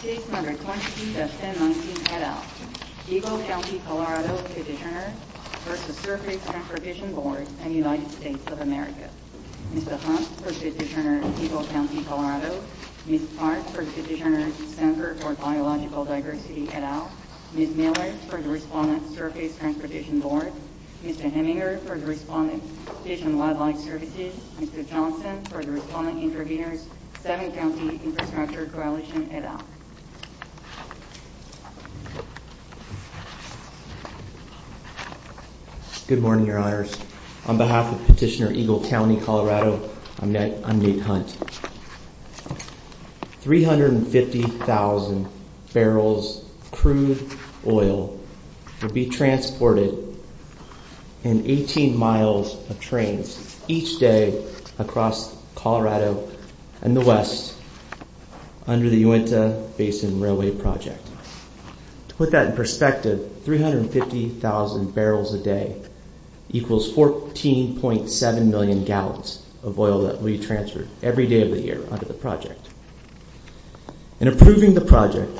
Case No. 22-1019, Eddowes, Eagle County, Colorado v. Sturface Transportation Board, United States of America Ms. Hunt v. Eagle County, Colorado Ms. Sparks v. Denver for Biological Diversity, Eddowes Ms. Millers v. Sturface Transportation Board Mr. Heminger v. Division Wildlife Services Mr. Johnson v. Intervenors Mr. Heminger v. Intervenors, Eagle County, Colorado v. Eddowes Mr. Heminger v. Intervenors, Eagle County, Colorado v. Eddowes Good morning, your honors. On behalf of Petitioner Eagle County, Colorado, I'm Nate Hunt. 350,000 barrels of crude oil will be transported in 18 miles of trains each day across Colorado and the West under the Uinta Basin Railway Project. To put that in perspective, 350,000 barrels a day equals 14.7 million gallons of oil that will be transferred every day of the year under the project. In approving the project,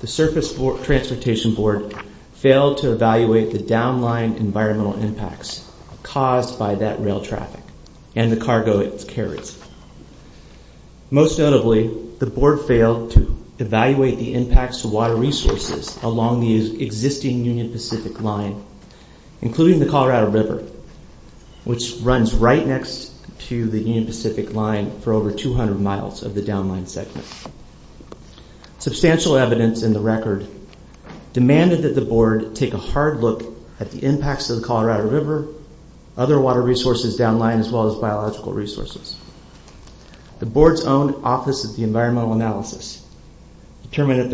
the Surface Transportation Board failed to evaluate the down-lying environmental impacts caused by that rail traffic and the cargo it carries. Most notably, the Board failed to evaluate the impacts to water resources along the existing Union Pacific Line, including the Colorado River, which runs right next to the Union Pacific Line for over 200 miles of the down-lying segment. Substantial evidence in the record demanded that the Board take a hard look at the impacts to the Colorado River, other water resources down-lying, as well as biological resources. The Board's own Office of Environmental Analysis determined that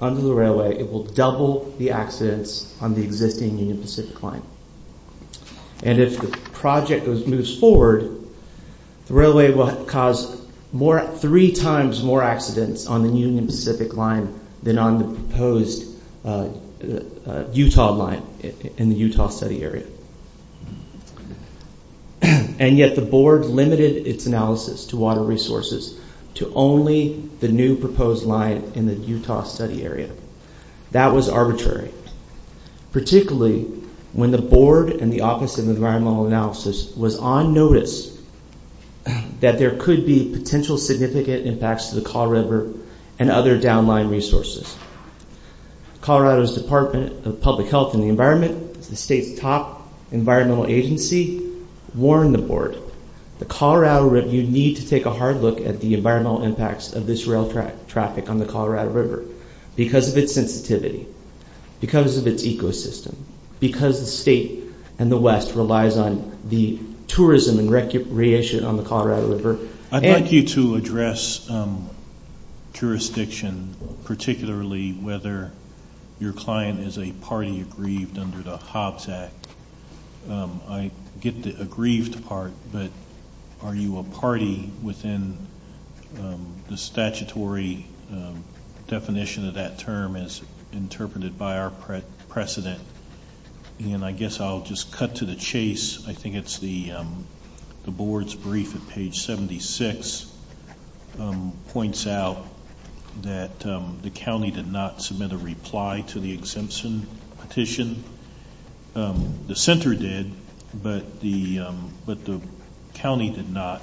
under the railway, it will double the accidents on the existing Union Pacific Line. And if the project moves forward, the railway will cause three times more accidents on the Union Pacific Line than on the proposed Utah Line in the Utah study area. And yet the Board limited its analysis to water resources to only the new proposed line in the Utah study area. That was arbitrary, particularly when the Board and the Office of Environmental Analysis was on notice that there could be potential significant impacts to the Colorado River and other down-lying resources. Colorado's Department of Public Health and the Environment, the state's top environmental agency, warned the Board, you need to take a hard look at the environmental impacts of this rail traffic on the Colorado River because of its sensitivity, because of its ecosystem, because the state and the West relies on the tourism and recreation on the Colorado River. I'd like you to address jurisdiction, particularly whether your client is a party aggrieved under the Hobbs Act. I get the aggrieved part, but are you a party within the statutory definition of that term as interpreted by our precedent? And I guess I'll just cut to the chase. I think it's the Board's brief at page 76 points out that the county did not submit a reply to the exemption petition. The center did, but the county did not.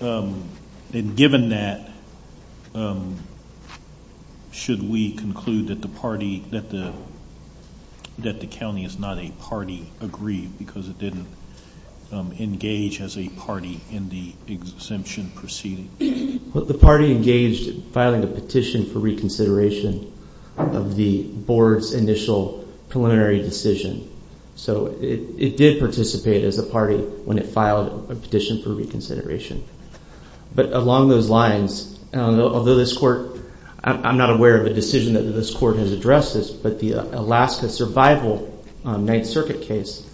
And given that, should we conclude that the county is not a party aggrieved because it didn't engage as a party in the exemption proceeding? The party engaged in filing a petition for reconsideration of the Board's initial preliminary decision. So it did participate as a party when it filed a petition for reconsideration. But along those lines, I'm not aware of a decision that this Court has addressed this, but the Alaska Survival Ninth Circuit case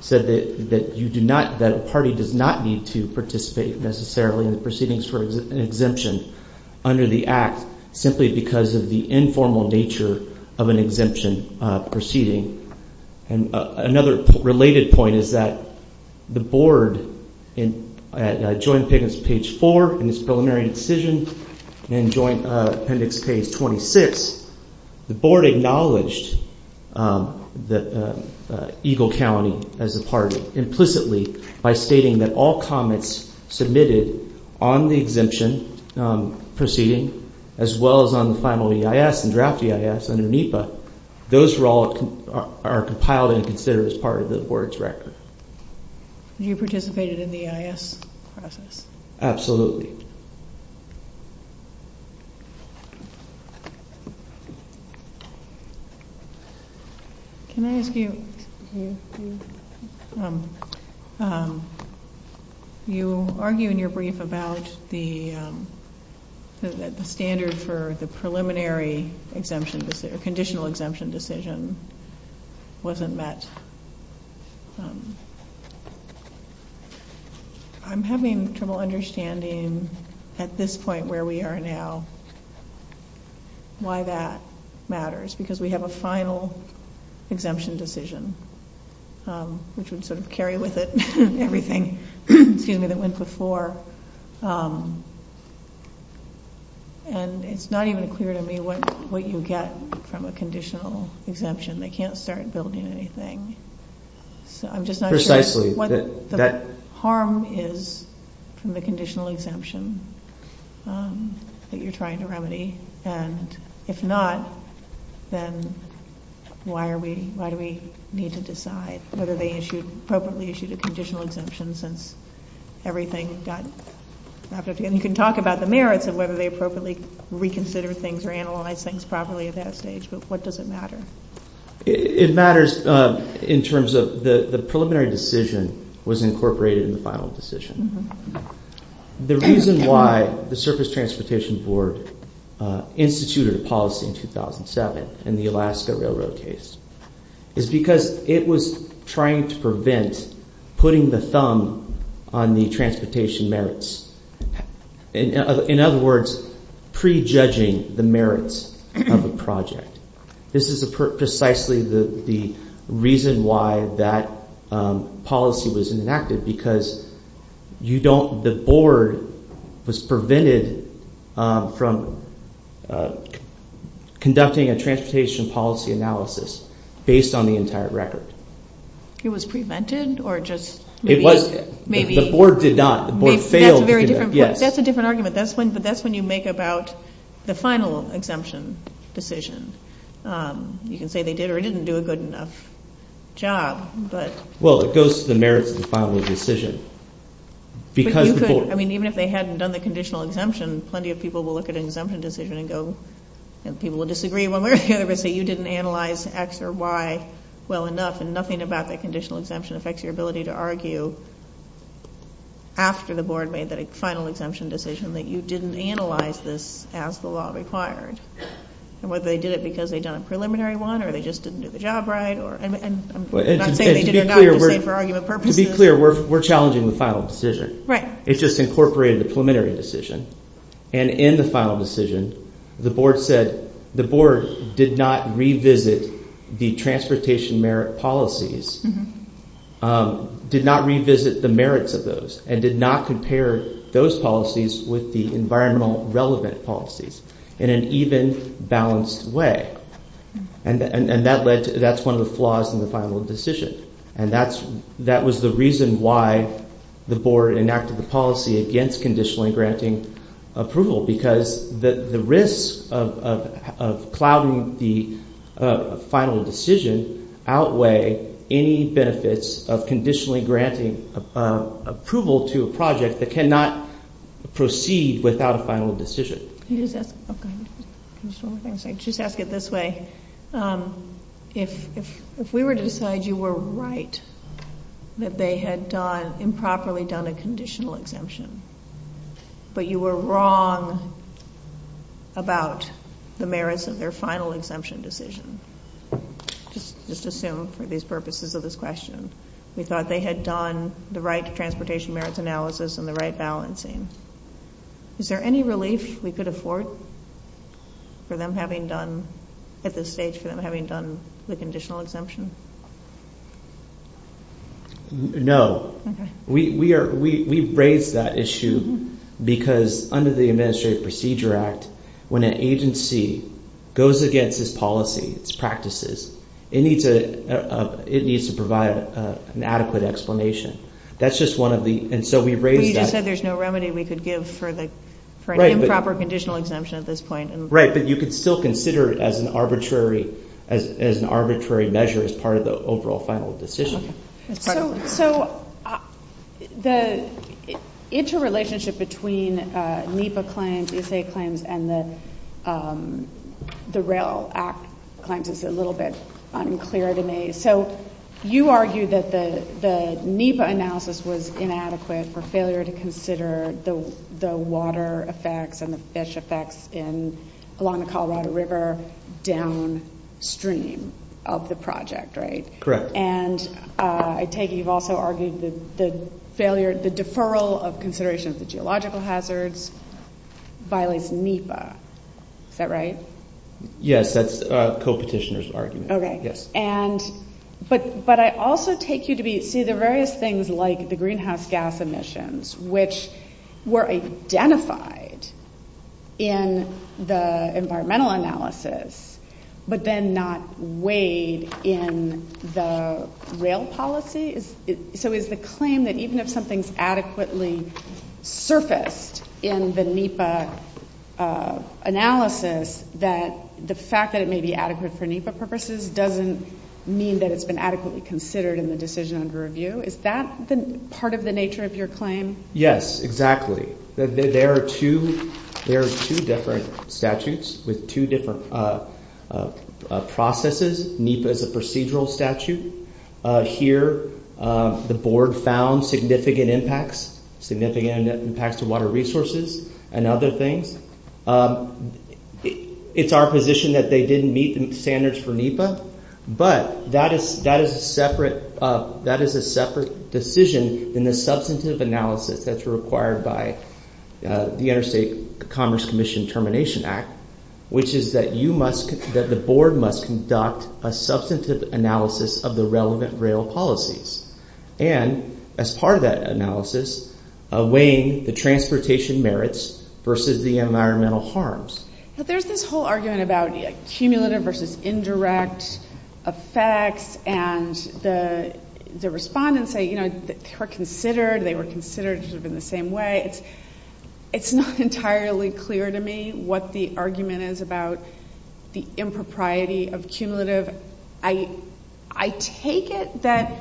said that a party does not need to participate necessarily in the proceedings for an exemption under the Act simply because of the informal nature of an exemption proceeding. And another related point is that the Board, at Joint Appendix page 4 in its preliminary decision, and Joint Appendix page 26, the Board acknowledged Eagle County as a party implicitly by stating that all comments submitted on the exemption proceeding, as well as on the final EIS and draft EIS under NEPA, those are all compiled and considered as part of the Board's record. You participated in the EIS process? Absolutely. Can I ask you, you argue in your brief about the standard for the preliminary exemption or conditional exemption decision wasn't met. I'm having trouble understanding, at this point where we are now, why that matters, because we have a final exemption decision, which would sort of carry with it everything, seeing that it went before, and it's not even clear to me what you get from a conditional exemption. They can't start building anything, so I'm just not sure what the harm is from the conditional exemption that you're trying to remedy. And if not, then why are we, why do we need to decide whether they appropriately issued a conditional exemption since everything got, you can talk about the merits of whether they appropriately reconsidered things or analyzed things properly at that stage, but what does it matter? It matters in terms of the preliminary decision was incorporated in the final decision. The reason why the Surface Transportation Board instituted a policy in 2007 in the Alaska Railroad case is because it was trying to prevent putting the thumb on the transportation merits. In other words, pre-judging the merits of a project. This is precisely the reason why that policy was enacted, because you don't, the board was prevented from conducting a transportation policy analysis based on the entire record. It was prevented, or just maybe? The board did not, the board failed. That's a different argument, but that's when you make about the final exemption decision. You can say they did or didn't do a good enough job, but. Well, it goes to the merits of the final decision. I mean, even if they hadn't done the conditional exemption, plenty of people will look at an exemption decision and go, and people will disagree. Well, they're going to say you didn't analyze X or Y well enough, and nothing about that conditional exemption affects your ability to argue after the board made that final exemption decision that you didn't analyze this as the law required. And whether they did it because they'd done a preliminary one, or they just didn't do the job right, or. To be clear, we're challenging the final decision. Right. It just incorporated the preliminary decision. And in the final decision, the board said, the board did not revisit the transportation merit policies, did not revisit the merits of those, and did not compare those policies with the environmental relevant policies in an even, balanced way. And that led to, that's one of the flaws in the final decision. And that's, that was the reason why the board enacted the policy against conditionally granting approval. Because the risk of plowing the final decision outweigh any benefits of conditionally granting approval to a project that cannot proceed without a final decision. She's asked it this way. If we were to decide you were right, that they had improperly done a conditional exemption, but you were wrong about the merits of their final exemption decision, just assume for these purposes of this question. We thought they had done the right transportation merits analysis and the right balancing. Is there any relief we could afford for them having done, at this stage, for them having done the conditional exemption? No. We've raised that issue because under the Administrative Procedure Act, when an agency goes against its policy, its practices, it needs to provide an adequate explanation. That's just one of the, and so we've raised that issue. You just said there's no remedy we could give for an improper conditional exemption at this point. Right, but you could still consider it as an arbitrary measure as part of the overall final decision. So, the interrelationship between NEPA claims, ESA claims, and the Rail Act claims is a little bit unclear to me. So, you argue that the NEPA analysis was inadequate for failure to consider the water effects and the fish effects along the Colorado River downstream of the project, right? Correct. And I take it you've also argued that the deferral of considerations of geological hazards violates NEPA. Is that right? Yes, that's a co-petitioner's argument. Okay. But I also take you to be, see, there are various things like the greenhouse gas emissions, which were identified in the environmental analysis, but then not weighed in the rail policy. So, is the claim that even if something's adequately surfaced in the NEPA analysis, that the fact that it may be adequate for NEPA purposes doesn't mean that it's been adequately considered in the decision under review? Is that part of the nature of your claim? Yes, exactly. There are two different statutes with two different processes. NEPA is a procedural statute. Here, the board found significant impacts, significant impacts to water resources and other things. It's our position that they didn't meet the standards for NEPA, but that is a separate decision in the substantive analysis that's required by the Interstate Commerce Commission Termination Act, which is that you must, that the board must conduct a substantive analysis of the relevant rail policies. And, as part of that analysis, weighing the transportation merits versus the environmental harms. But there's this whole argument about cumulative versus indirect effects, and the respondents say, you know, they were considered, they were considered in the same way. It's not entirely clear to me what the argument is about the impropriety of cumulative. I take it that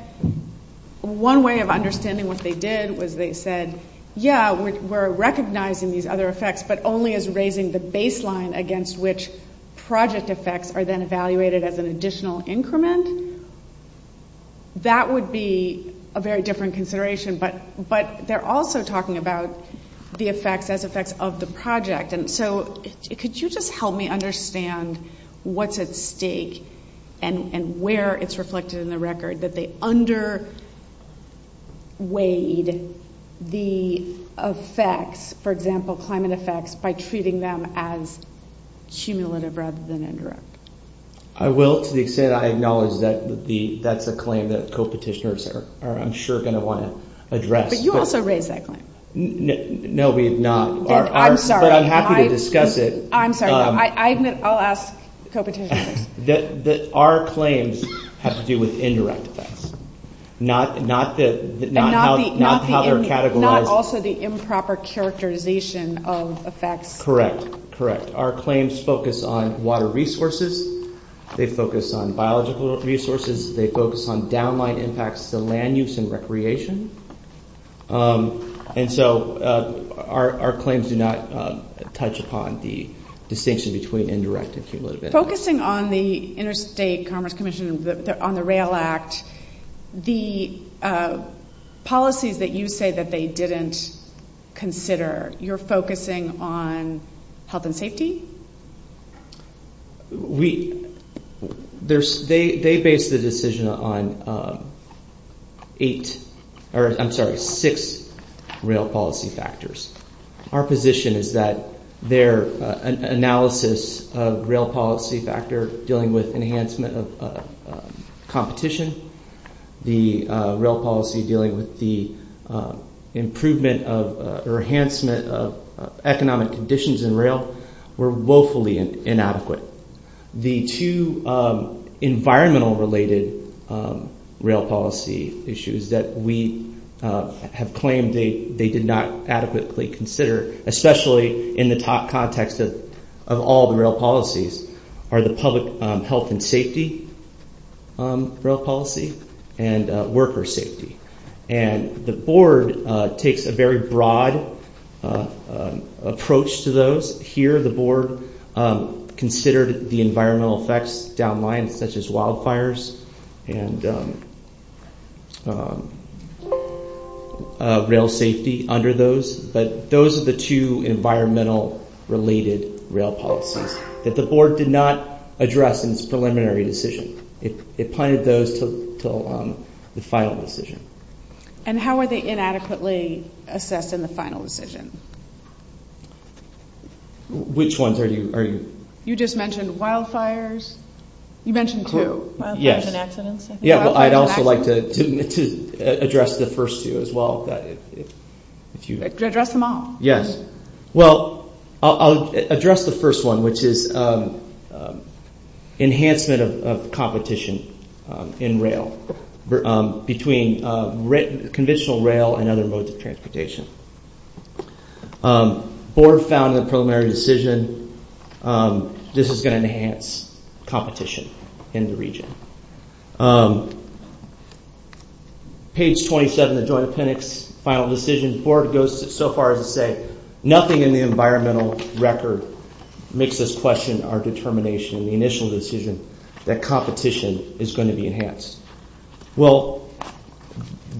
one way of understanding what they did was they said, yeah, we're recognizing these other effects, but only as raising the baseline against which project effects are then evaluated as an additional increment. That would be a very different consideration, but they're also talking about the effects as effects of the project. And so, could you just help me understand what's at stake and where it's reflected in the record that they underweighed the effects, for example, climate effects, by treating them as cumulative rather than indirect? I will, to the extent I acknowledge that would be, that's a claim that co-petitioners are, I'm sure, going to want to address. But you also raised that claim. No, we have not. But I'm happy to discuss it. I'm sorry, I'll ask co-petitioners. That our claims have to do with indirect effects, not how they're categorized. And not also the improper characterization of effects. Correct, correct. Our claims focus on water resources. They focus on biological resources. They focus on downline impacts for land use and recreation. And so, our claims do not touch upon the distinction between indirect and cumulative impacts. Focusing on the Interstate Commerce Commission, on the RAIL Act, the policies that you say that they didn't consider, you're focusing on health and safety? We, there's, they based the decision on eight, or I'm sorry, six RAIL policy factors. Our position is that their analysis of RAIL policy factor dealing with enhancement of competition, the RAIL policy dealing with the improvement of, or enhancement of economic conditions in RAIL. Were woefully inadequate. The two environmental related RAIL policy issues that we have claimed they did not adequately consider. Especially in the context of all the RAIL policies. Are the public health and safety RAIL policy. And worker safety. And the board takes a very broad approach to those. Here, the board considered the environmental effects downline, such as wildfires and RAIL safety under those. But those are the two environmental related RAIL policies that the board did not address in its preliminary decision. It planned those to go on the final decision. And how are they inadequately assessed in the final decision? Which ones are you, are you? You just mentioned wildfires. You mentioned two. Yes. Wildfires and accidents. Yeah, I'd also like to address the first two as well. Address them all? Yes. Well, I'll address the first one, which is enhancement of competition in RAIL. Between conventional RAIL and other modes of transportation. Board found in the preliminary decision, this is going to enhance competition in the region. Page 27 of the Joint Appendix, final decision, the board goes so far as to say nothing in the environmental record makes us question our determination in the initial decision that competition is going to be enhanced. Well,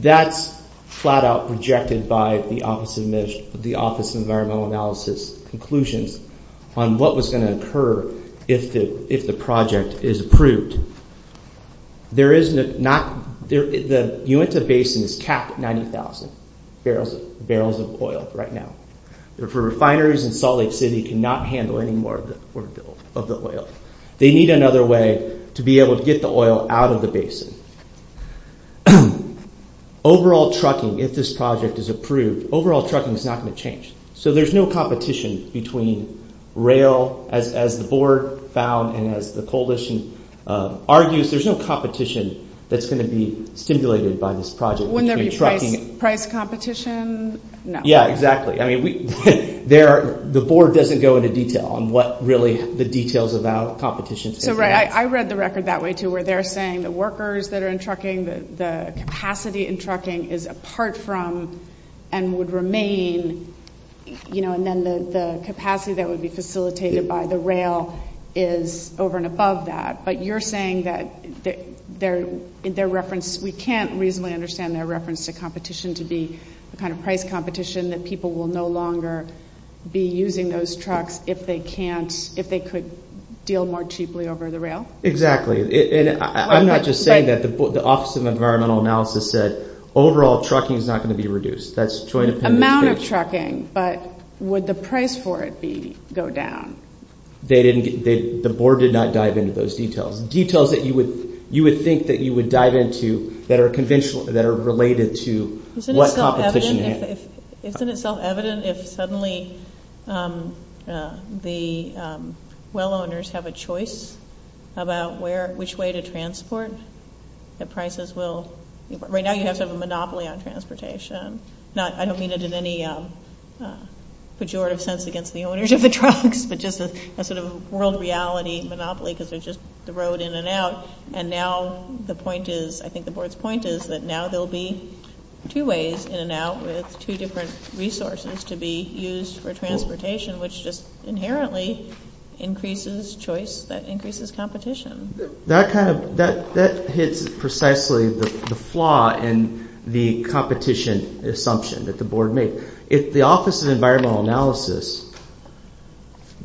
that's flat out rejected by the Office of Environmental Analysis conclusions on what was going to occur if the project is approved. The Uinta Basin is capped at 90,000 barrels of oil right now. Refineries in Salt Lake City cannot handle any more of the oil. They need another way to be able to get the oil out of the basin. Overall trucking, if this project is approved, overall trucking is not going to change. So there's no competition between RAIL, as the board found and as the coalition argues, there's no competition that's going to be stimulated by this project. Wouldn't there be price competition? No. Yeah, exactly. I mean, the board doesn't go into detail on what really the details about competition say. I read the record that way, too, where they're saying the workers that are in trucking, the capacity in trucking is apart from and would remain, you know, and then the capacity that would be facilitated by the RAIL is over and above that. But you're saying that we can't reasonably understand their reference to competition to be kind of price competition, that people will no longer be using those trucks if they could deal more cheaply over the RAIL? Exactly. And I'm not just saying that. The Office of Environmental Analysis said overall trucking is not going to be reduced. That's jointly dependent. Amount of trucking, but would the price for it go down? The board did not dive into those details. Details that you would think that you would dive into that are related to what competition has. Isn't it self-evident if suddenly the well owners have a choice about which way to transport, that prices will – right now you have a monopoly on transportation. I don't mean it in any pejorative sense against the owners of the trucks, but just a sort of world reality monopoly because there's just the road in and out. And now the point is – I think the board's point is that now there will be two ways in and out with two different resources to be used for transportation, which just inherently increases choice that increases competition. That hits precisely the flaw in the competition assumption that the board made. The Office of Environmental Analysis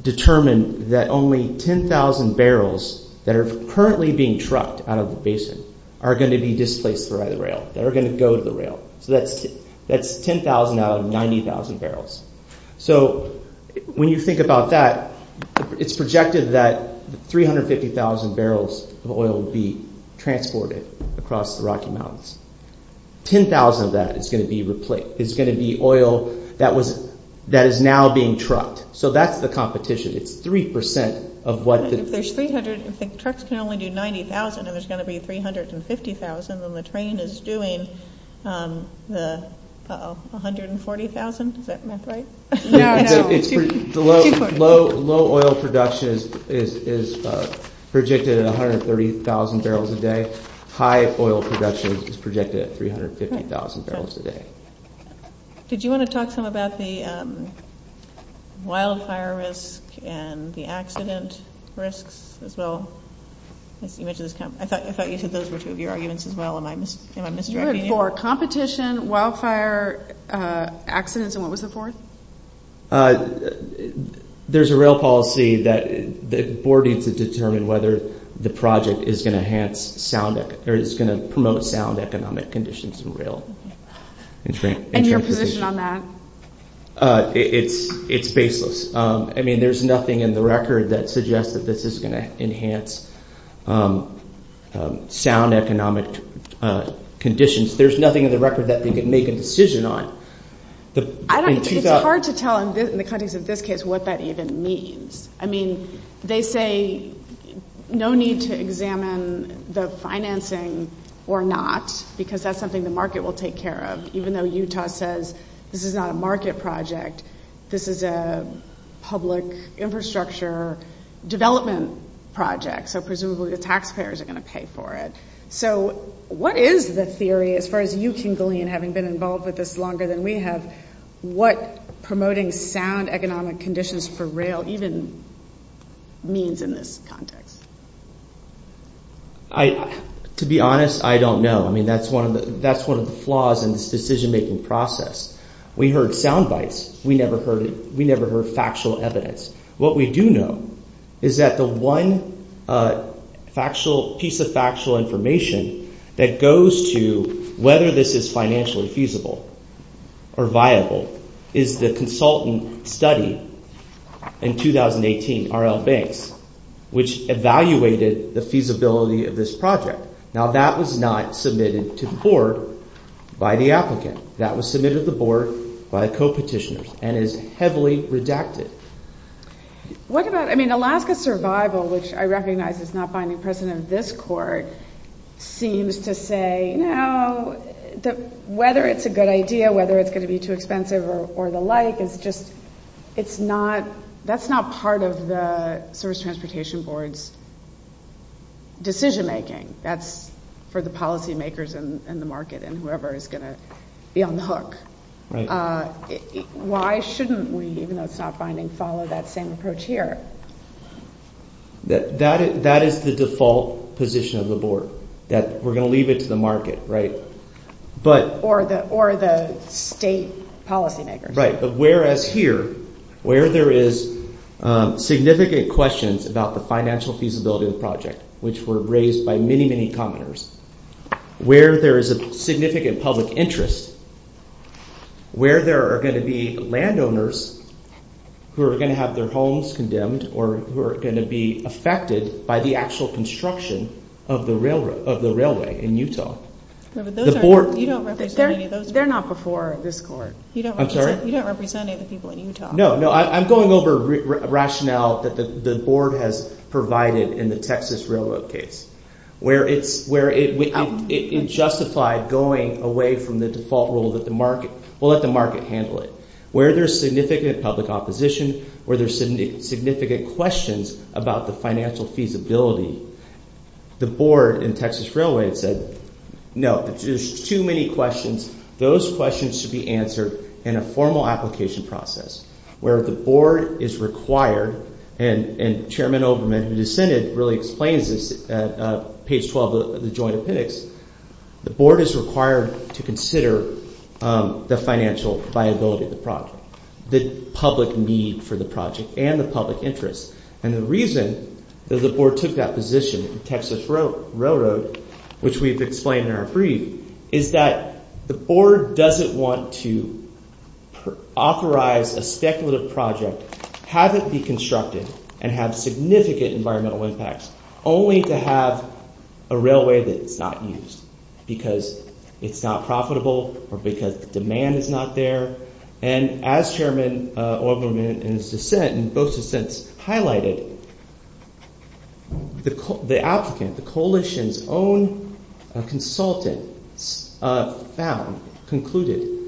determined that only 10,000 barrels that are currently being trucked out of the basin are going to be displaced by the RAIL. They're going to go to the RAIL. That's 10,000 out of 90,000 barrels. So when you think about that, it's projected that 350,000 barrels of oil will be transported across the Rocky Mountains. 10,000 of that is going to be oil that is now being trucked. So that's the competition. It's 3% of what – Trucks can only do 90,000 and there's going to be 350,000 and the train is doing 140,000. Is that right? Low oil production is predicted at 130,000 barrels a day. High oil production is predicted at 350,000 barrels a day. Did you want to talk some about the wildfire risk and the accident risks as well? I thought you said those were two of your arguments as well. You had four, competition, wildfire, accidents, and what was the fourth? There's a RAIL policy that the board needs to determine whether the project is going to promote sound economic conditions in RAIL. And your position on that? It's baseless. I mean, there's nothing in the record that suggests that this is going to enhance sound economic conditions. There's nothing in the record that they can make a decision on. It's hard to tell in the context of this case what that even means. I mean, they say no need to examine the financing or not because that's something the market will take care of. Even though Utah says this is not a market project, this is a public infrastructure development project. So presumably the taxpayers are going to pay for it. So what is the theory, as far as you can glean having been involved with this longer than we have, what promoting sound economic conditions for RAIL even means in this context? To be honest, I don't know. I mean, that's one of the flaws in this decision-making process. We heard sound bites. We never heard factual evidence. What we do know is that the one piece of factual information that goes to whether this is financially feasible or viable is the consultant study in 2018, RAIL Bank, which evaluated the feasibility of this project. Now, that was not submitted to the board by the applicant. That was submitted to the board by a co-petitioner and is heavily redacted. What about, I mean, Alaska Survival, which I recognize is not finding precedent in this court, seems to say, no, whether it's a good idea, whether it's going to be too expensive or the like, it's just, it's not, that's not part of the Service Transportation Board's decision-making. That's for the policymakers in the market and whoever is going to be on the hook. Why shouldn't we, even though it's not binding, follow that same approach here? That is the default position of the board, that we're going to leave it to the market, right? Or the state policymakers. Right, but whereas here, where there is significant questions about the financial feasibility of the project, which were raised by many, many commenters, where there is a significant public interest, where there are going to be landowners who are going to have their homes condemned or who are going to be affected by the actual construction of the railway in Utah. You don't represent any of those. They're not before this court. I'm sorry? You don't represent any of the people in Utah. No, no, I'm going over rationale that the board has provided in the Texas Railroad case. Where it justified going away from the default rule that the market, we'll let the market handle it. Where there's significant public opposition, where there's significant questions about the financial feasibility, the board in Texas Railway said, no, there's too many questions. Those questions should be answered in a formal application process. Where the board is required, and Chairman Overman, who dissented, really explains this at page 12 of the joint opinion, the board is required to consider the financial viability of the project. The public need for the project and the public interest. And the reason that the board took that position in Texas Railroad, which we've explained in our brief, is that the board doesn't want to authorize a speculative project, have it be constructive, and have significant environmental impacts, only to have a railway that's not used. Because it's not profitable or because demand is not there. And as Chairman Overman in his dissent, in both dissents, highlighted, the applicant, the coalition's own consultant, found, concluded,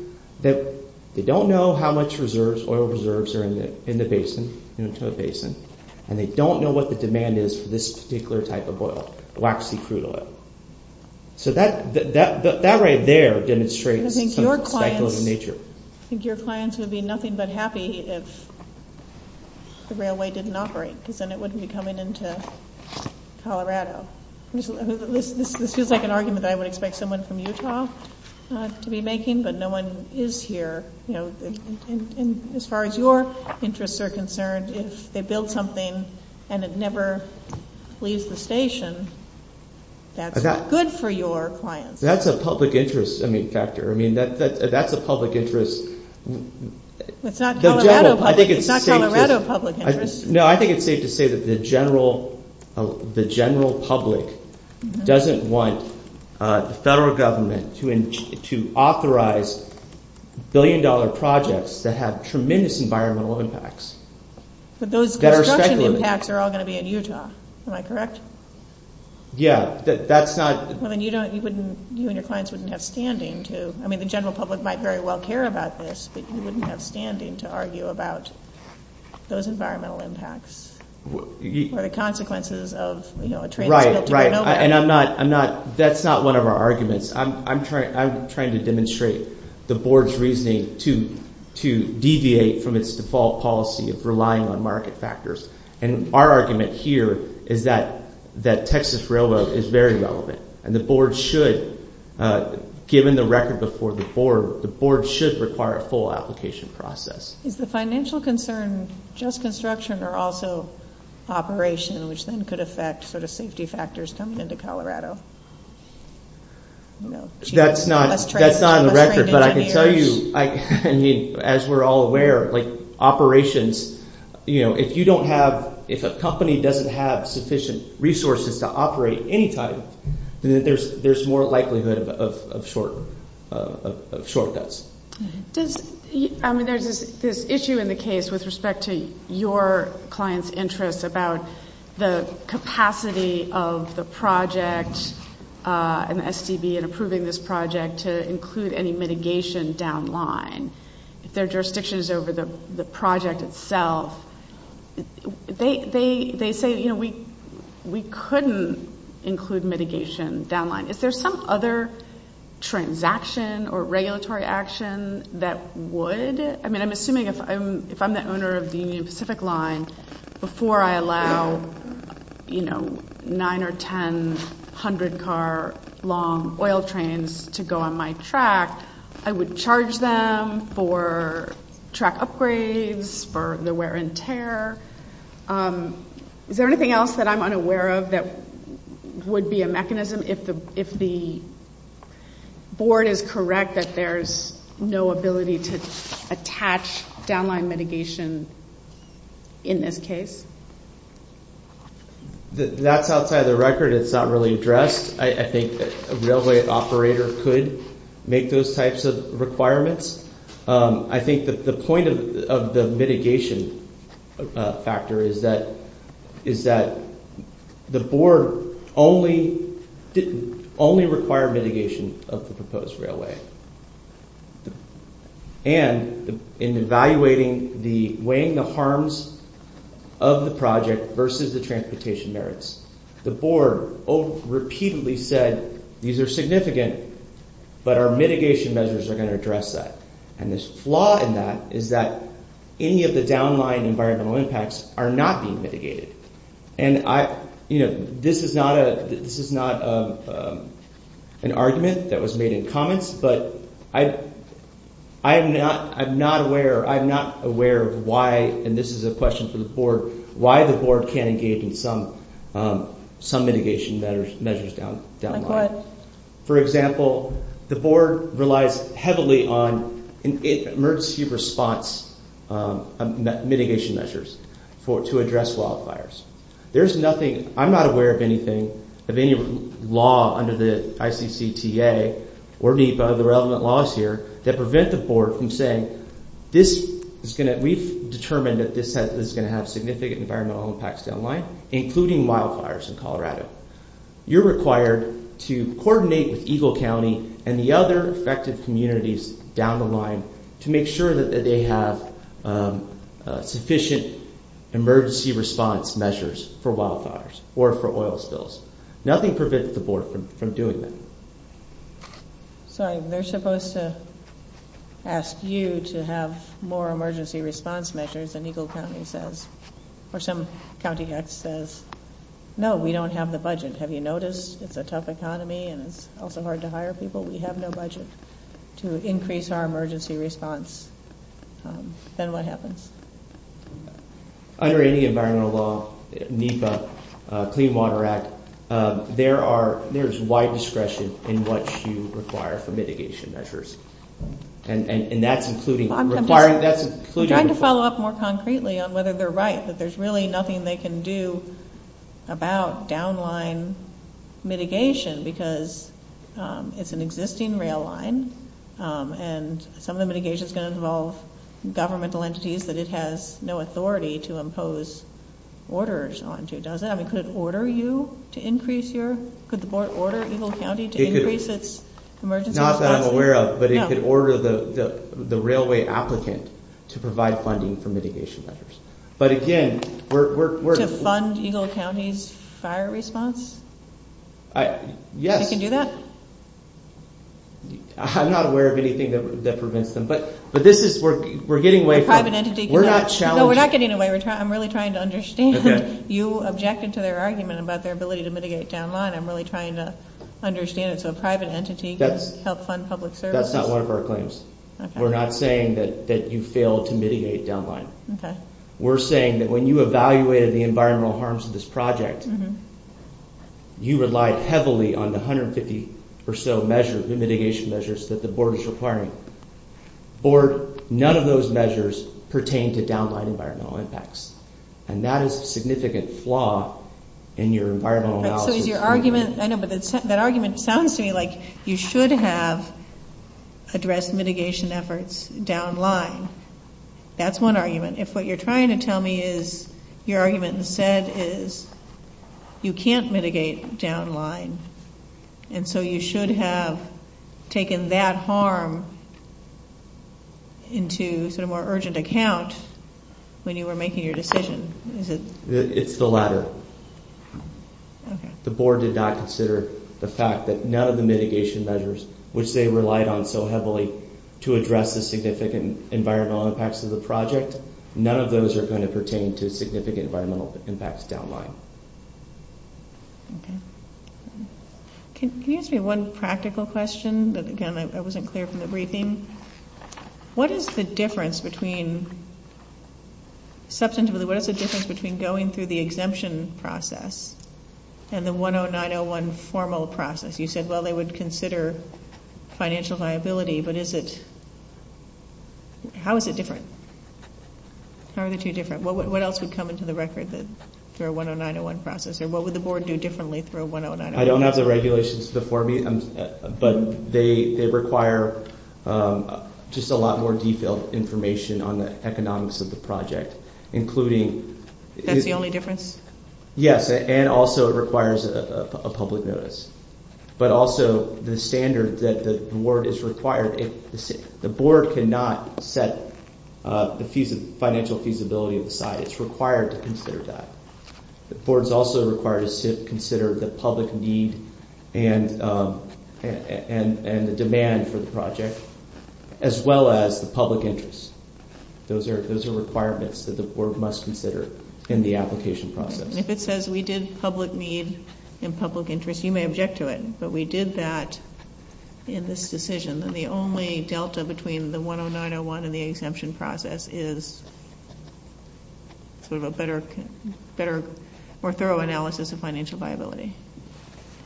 that they don't know how much oil reserves are in the basin, in the Tooe Basin, and they don't know what the demand is for this particular type of oil, waxy crude oil. So that right there demonstrates speculative nature. I think your clients would be nothing but happy if the railway didn't operate, because then it wouldn't be coming into Colorado. This seems like an argument I would expect someone from Utah to be making, but no one is here. As far as your interests are concerned, if they build something and it never leaves the station, that's good for your clients. That's a public interest factor. I mean, that's a public interest. It's not Colorado public interest. No, I think it's safe to say that the general public doesn't want the federal government to authorize billion-dollar projects that have tremendous environmental impacts. But those impacts are all going to be in Utah, am I correct? Yeah, that's not... I mean, you and your clients wouldn't have standing to... I mean, the general public might very well care about this, but you wouldn't have standing to argue about those environmental impacts or the consequences of, you know... Right, right, and I'm not... that's not one of our arguments. I'm trying to demonstrate the board's reasoning to deviate from its default policy of relying on market factors. And our argument here is that Texas Railroad is very relevant, and the board should, given the record before the board, the board should require a full application process. Is the financial concern just construction or also operation, which then could affect the safety factors coming into Colorado? That's not on the record, but I can tell you, as we're all aware, like operations, you know, if you don't have... if a company doesn't have sufficient resources to operate anytime, then there's more likelihood of shortfalls. I mean, there's this issue in the case with respect to your client's interest about the capacity of the project and the SCB in approving this project to include any mitigation downline. Their jurisdictions over the project itself, they say, you know, we couldn't include mitigation downline. If there's some other transaction or regulatory action that would... I mean, I'm assuming if I'm the owner of the Union Pacific line, before I allow, you know, nine or ten hundred car long oil trains to go on my track, I would charge them for track upgrades, for the wear and tear. Is there anything else that I'm unaware of that would be a mechanism if the board is correct that there's no ability to attach downline mitigation in this case? That's outside of the record. It's not really addressed. I think a railway operator could make those types of requirements. I think that the point of the mitigation factor is that the board only required mitigation of the proposed railway. And in evaluating the weighing the harms of the project versus the transportation merits, the board repeatedly said these are significant, but our mitigation measures are going to address that. And this flaw in that is that any of the downline environmental impacts are not being mitigated. And, you know, this is not an argument that was made in comments, but I'm not aware of why, and this is a question for the board, why the board can't engage in some mitigation measures downline. For example, the board relies heavily on emergency response mitigation measures to address wildfires. There's nothing, I'm not aware of anything, of any law under the ICCTA or any other relevant laws here that prevent the board from saying this is going to at least determine that this is going to have significant environmental impacts downline, including wildfires in Colorado. You're required to coordinate with Eagle County and the other affected communities down the line to make sure that they have sufficient emergency response measures for wildfires or for oil spills. Nothing prevents the board from doing that. Sorry, they're supposed to ask you to have more emergency response measures, or some county says, no, we don't have the budget. Have you noticed it's a tough economy and it's also hard to hire people? We have no budget to increase our emergency response. Then what happens? Under any environmental law, NEPA, Clean Water Act, there is wide discretion in what you require for mitigation measures. And that's including... I'd like to follow up more concretely on whether they're right, that there's really nothing they can do about downline mitigation because it's an existing rail line, and some of the mitigation is going to involve governmental entities that it has no authority to impose orders onto, does it? I mean, could it order you to increase your... Could the board order Eagle County to increase its emergency response? Not that I'm aware of, but it could order the railway applicant to provide funding for mitigation measures. But again, we're... To fund Eagle County's fire response? Yes. They can do that? I'm not aware of anything that prevents them, but this is... We're getting away from... No, we're not getting away. I'm really trying to understand. You objected to their argument about their ability to mitigate downline. I'm really trying to understand. It's a private entity. That's not one of our claims. We're not saying that you failed to mitigate downline. We're saying that when you evaluated the environmental harms of this project, you relied heavily on the 150 or so measures, the mitigation measures that the board is requiring. Board, none of those measures pertain to downline environmental impacts. And that is a significant flaw in your environmental analysis. So your argument... I know, but that argument sounds to me like you should have addressed mitigation efforts downline. That's one argument. If what you're trying to tell me is your argument instead is you can't mitigate downline, and so you should have taken that harm into a more urgent account when you were making your decision. It's the latter. The board did not consider the fact that none of the mitigation measures, which they relied on so heavily to address the significant environmental impacts of the project, none of those are going to pertain to significant environmental impacts of downline. Can you ask me one practical question? Again, I wasn't clear from the briefing. What is the difference between going through the exemption process and the 10901 formal process? You said, well, they would consider financial liability, but is it... How is it different? How are they two different? What else would come into the record through a 10901 process? Or what would the board do differently through a 10901? I don't have the regulations before me, but they require just a lot more detailed information on the economics of the project, including... That's the only difference? Yes, and also it requires a public notice. But also the standard that the board is required... The board cannot set the financial feasibility aside. It's required to consider that. The board is also required to consider the public need and the demand for the project, as well as the public interest. Those are requirements that the board must consider in the application process. If it says we did public need and public interest, you may object to it, but we did that in this decision, and the only delta between the 10901 and the exemption process is sort of a better, more thorough analysis of financial liability.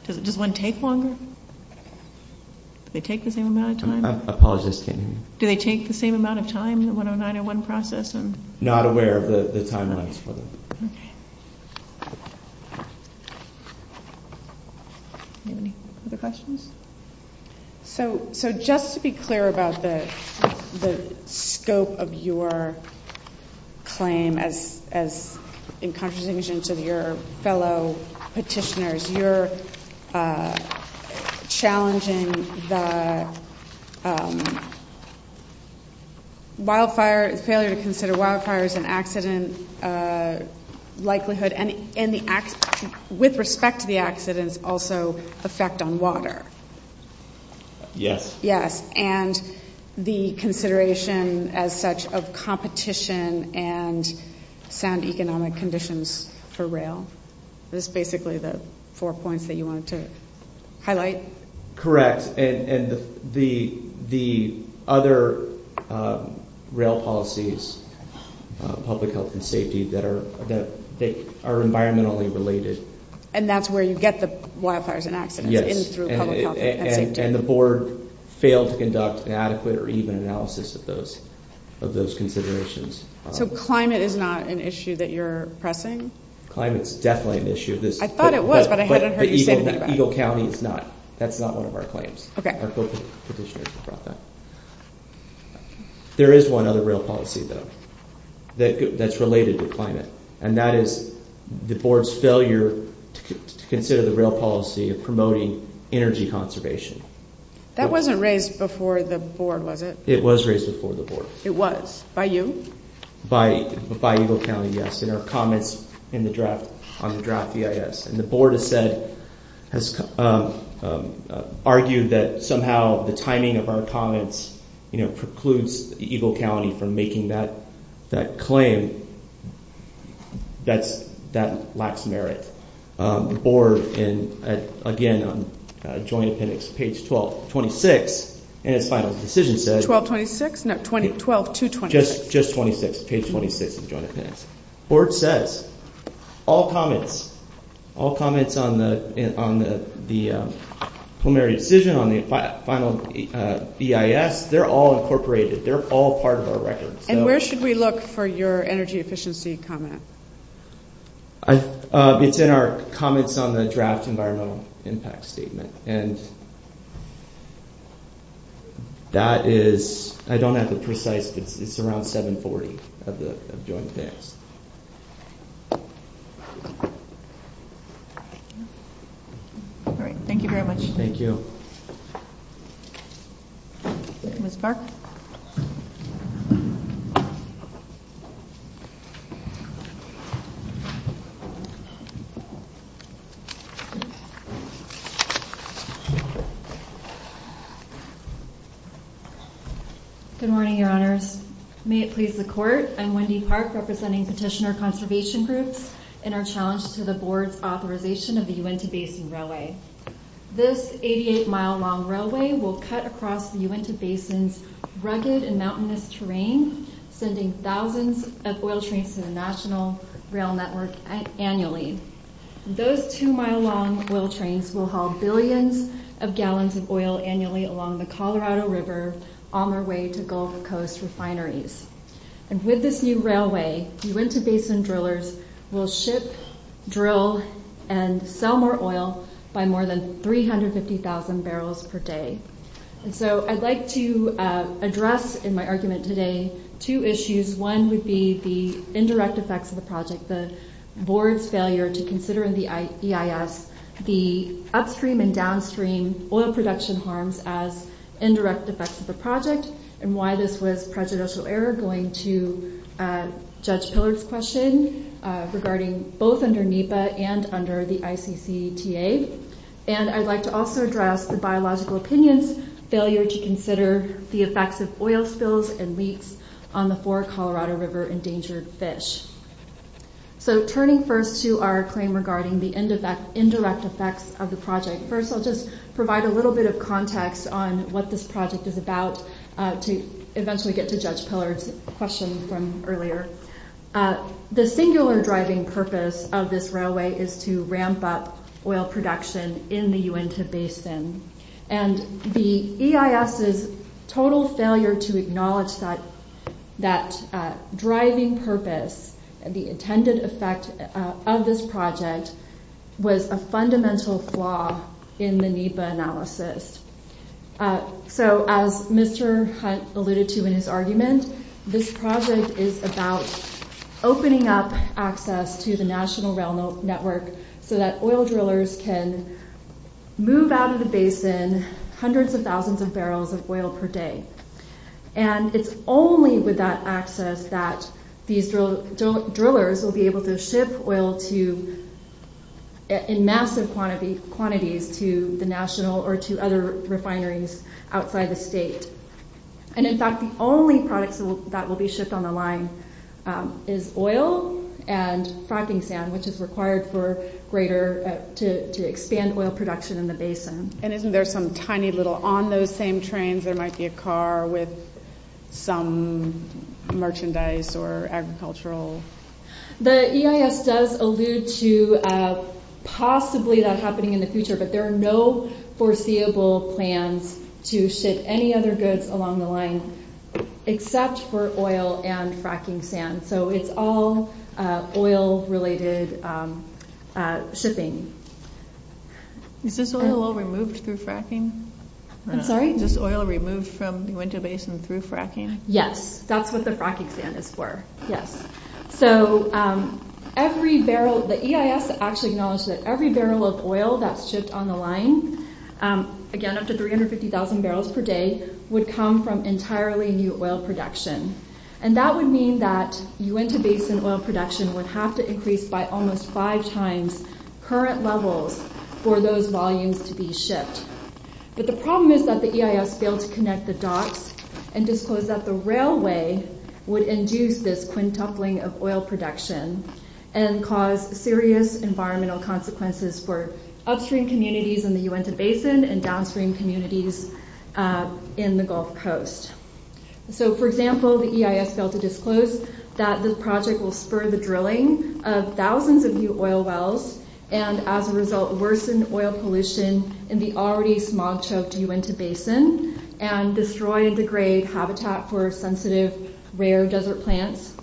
Does one take longer? Do they take the same amount of time? I apologize. Do they take the same amount of time, the 10901 process? Not aware of the timeline. Any other questions? So just to be clear about the scope of your claim, as in contradictions of your fellow petitioners, you're challenging the failure to consider wildfires and accident likelihood and with respect to the accidents also affect on water. Yes. Yes, and the consideration as such of competition and sound economic conditions for rail. Those are basically the four points that you wanted to highlight. Correct, and the other rail policies, public health and safety, that are environmentally related. And that's where you get the wildfires and accidents. Yes, and the board failed to conduct an adequate or even analysis of those considerations. So climate is not an issue that you're pressing? Climate is definitely an issue. I thought it was, but I haven't heard you say that. Eagle County is not. That's not one of our claims. There is one other rail policy, though, that's related to climate, and that is the board's failure to consider the rail policy of promoting energy conservation. That wasn't raised before the board, was it? It was raised before the board. It was. By you? By Eagle County, yes, in our comments on the draft EIS. And the board has argued that somehow the timing of our comments precludes Eagle County from making that claim. That lacks merit. The board, again, on joint appendix, page 1226, in its final decision said... 1226? No, 12226. Just 26, page 26 of the joint appendix. The board says all comments, all comments on the preliminary decision, on the final EIS, they're all incorporated. They're all part of our record. And where should we look for your energy efficiency comment? It's in our comments on the draft environmental impact statement. And that is, I don't have the precise, it's around 740 of the joint appendix. All right, thank you very much. Thank you. Good morning, your honors. May it please the court, I'm Wendy Park representing Petitioner Conservation Group in our challenge to the board's authorization of the Uinta Basin Railway. This 88-mile-long railway will cut across the Uinta Basin's rugged and mountainous terrain, sending thousands of oil trains to the national rail network annually. Those two-mile-long oil trains will haul billions of tons of oil annually along the Colorado River on their way to Gulf Coast refineries. And with this new railway, Uinta Basin drillers will ship, drill, and sell more oil by more than 350,000 barrels per day. And so I'd like to address in my argument today two issues. One would be the indirect effects of the project, the board's failure to consider in the EIS the upstream and downstream oil production harms as indirect effects of the project, and why this was prejudicial error going to Judge Piller's question regarding both under NEPA and under the ICCTA. And I'd like to also address the biological opinion's failure to consider the effects of oil spills and leaks on the four Colorado River endangered fish. So turning first to our claim regarding the indirect effects of the project, first I'll just provide a little bit of context on what this project is about to eventually get to Judge Piller's question from earlier. The singular driving purpose of this railway is to ramp up oil production in the Uinta Basin. And the EIS's total failure to acknowledge that driving purpose, the intended effect of this project, was a fundamental flaw in the NEPA analysis. So as Mr. Hunt alluded to in his argument, this project is about opening up access to the national rail network so that oil drillers can move out of the basin hundreds of thousands of barrels of oil per day. And it's only with that access that these drillers will be able to ship oil in massive quantities to the national or to other refineries outside the state. And in fact, the only product that will be shipped on the line is oil and fracking sand, which is required to expand oil production in the basin. And isn't there some tiny little, on those same trains there might be a car with some merchandise or agricultural... The EIS does allude to possibly that happening in the future, but there are no foreseeable plans to ship any other goods along the line except for oil and fracking sand. So it's all oil-related shipping. Is this oil removed through fracking? I'm sorry? Is this oil removed from the winter basin through fracking? Yes. That's what the fracking sand is for. Yes. So every barrel... The EIS actually acknowledged that every barrel of oil that's shipped on the line, again up to 350,000 barrels per day, would come from entirely new oil production. And that would mean that Uinta Basin oil production would have to increase by almost five times current levels for those volumes to be shipped. But the problem is that the EIS failed to connect the dots and disclosed that the railway would induce this quintupling of oil production and cause serious environmental consequences for upstream communities in the Uinta Basin and downstream communities in the Gulf Coast. So, for example, the EIS failed to disclose that this project will spur the drilling of thousands of new oil wells and, as a result, worsen oil pollution in the already smog-choked Uinta Basin and destroy and degrade habitat for sensitive, rare desert plants.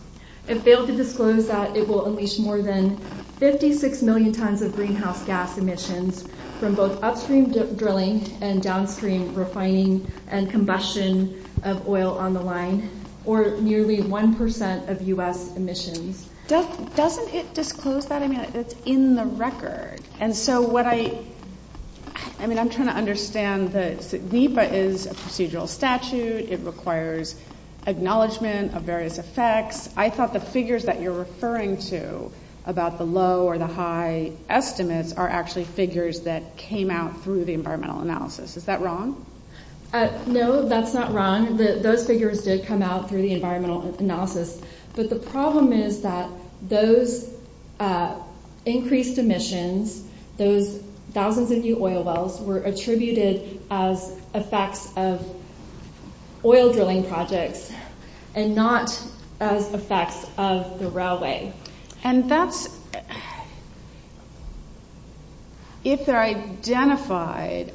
It failed to disclose that it will unleash more than 56 million tons of greenhouse gas emissions from both upstream drilling and downstream refining and combustion of oil on the line, or nearly 1% of U.S. emissions. Doesn't it disclose that? I mean, it's in the record. And so what I... I mean, I'm trying to understand that NEPA is a procedural statute. It requires acknowledgement of various effects. I thought the figures that you're referring to about the low or the high estimates are actually figures that came out through the environmental analysis. Is that wrong? No, that's not wrong. Those figures did come out through the environmental analysis. But the problem is that those increased emissions, those thousands of new oil wells were attributed as effects of oil drilling projects and not as effects of the railway. And that's... It's identified.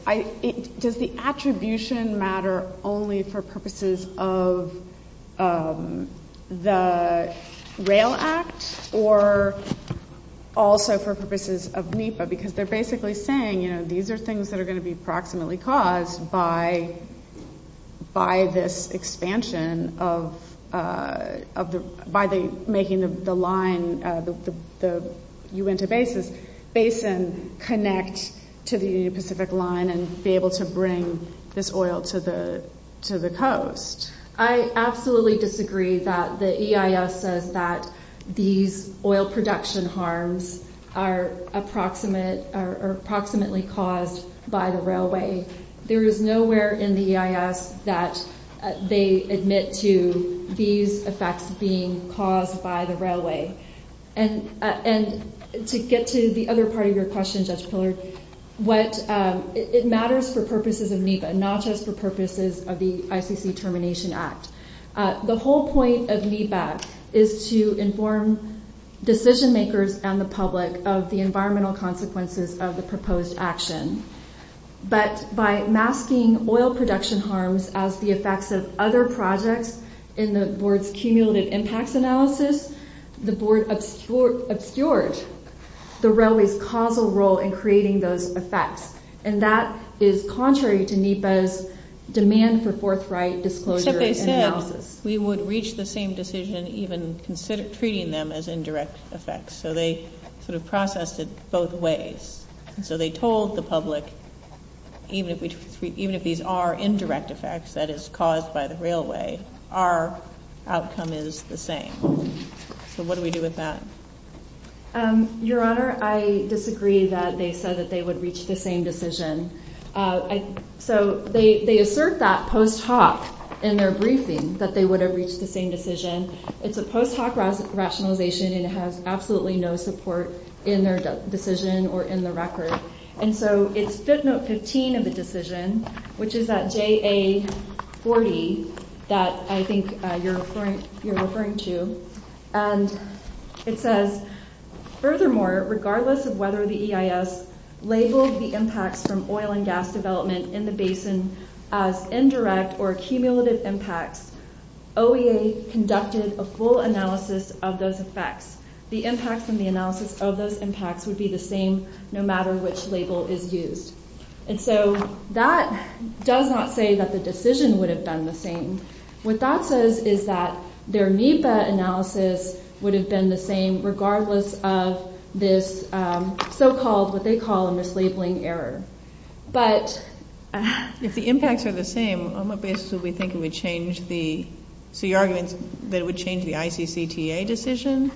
Does the attribution matter only for purposes of the Rail Act or also for purposes of NEPA? Because they're basically saying, you know, these are things that are going to be approximately caused by this expansion of... by making the line, the Uinta Basin, connect to the Pacific Line and be able to bring this oil to the coast. I absolutely disagree that the EIS says that these oil production harms are approximately caused by the railway. There is nowhere in the EIS that they admit to these effects being caused by the railway. And to get to the other part of your question, Judge Pillard, it matters for purposes of NEPA, not just for purposes of the ICC Termination Act. The whole point of NEPA is to inform decision makers and the public of the environmental consequences of the proposed action. But by masking oil production harms as the effects of other projects in the board's cumulative impact analysis, the board obscured the railway's causal role in creating those effects. And that is contrary to NEPA's demand for forthright disclosure and analysis. If they failed, we would reach the same decision, even treating them as indirect effects. So they sort of processed it both ways. So they told the public, even if these are indirect effects that is caused by the railway, our outcome is the same. So what do we do with that? Your Honor, I disagree that they said that they would reach the same decision. So they assert that post hoc in their briefing, that they would have reached the same decision. It's a post hoc rationalization and it has absolutely no support in their decision or in the record. And so it's SIP Note 15 of the decision, which is that JA40 that I think you're referring to. It says, furthermore, regardless of whether the EIS labeled the impact from oil and gas development in the basin as indirect or cumulative impacts, OEA conducted a full analysis of those effects. The impact from the analysis of those impacts would be the same, no matter which label is used. And so that does not say that the decision would have been the same. What that says is that their NEPA analysis would have been the same, regardless of this so-called, what they call a mislabeling error. But if the impacts are the same, on what basis do we think it would change the ICCTA decision?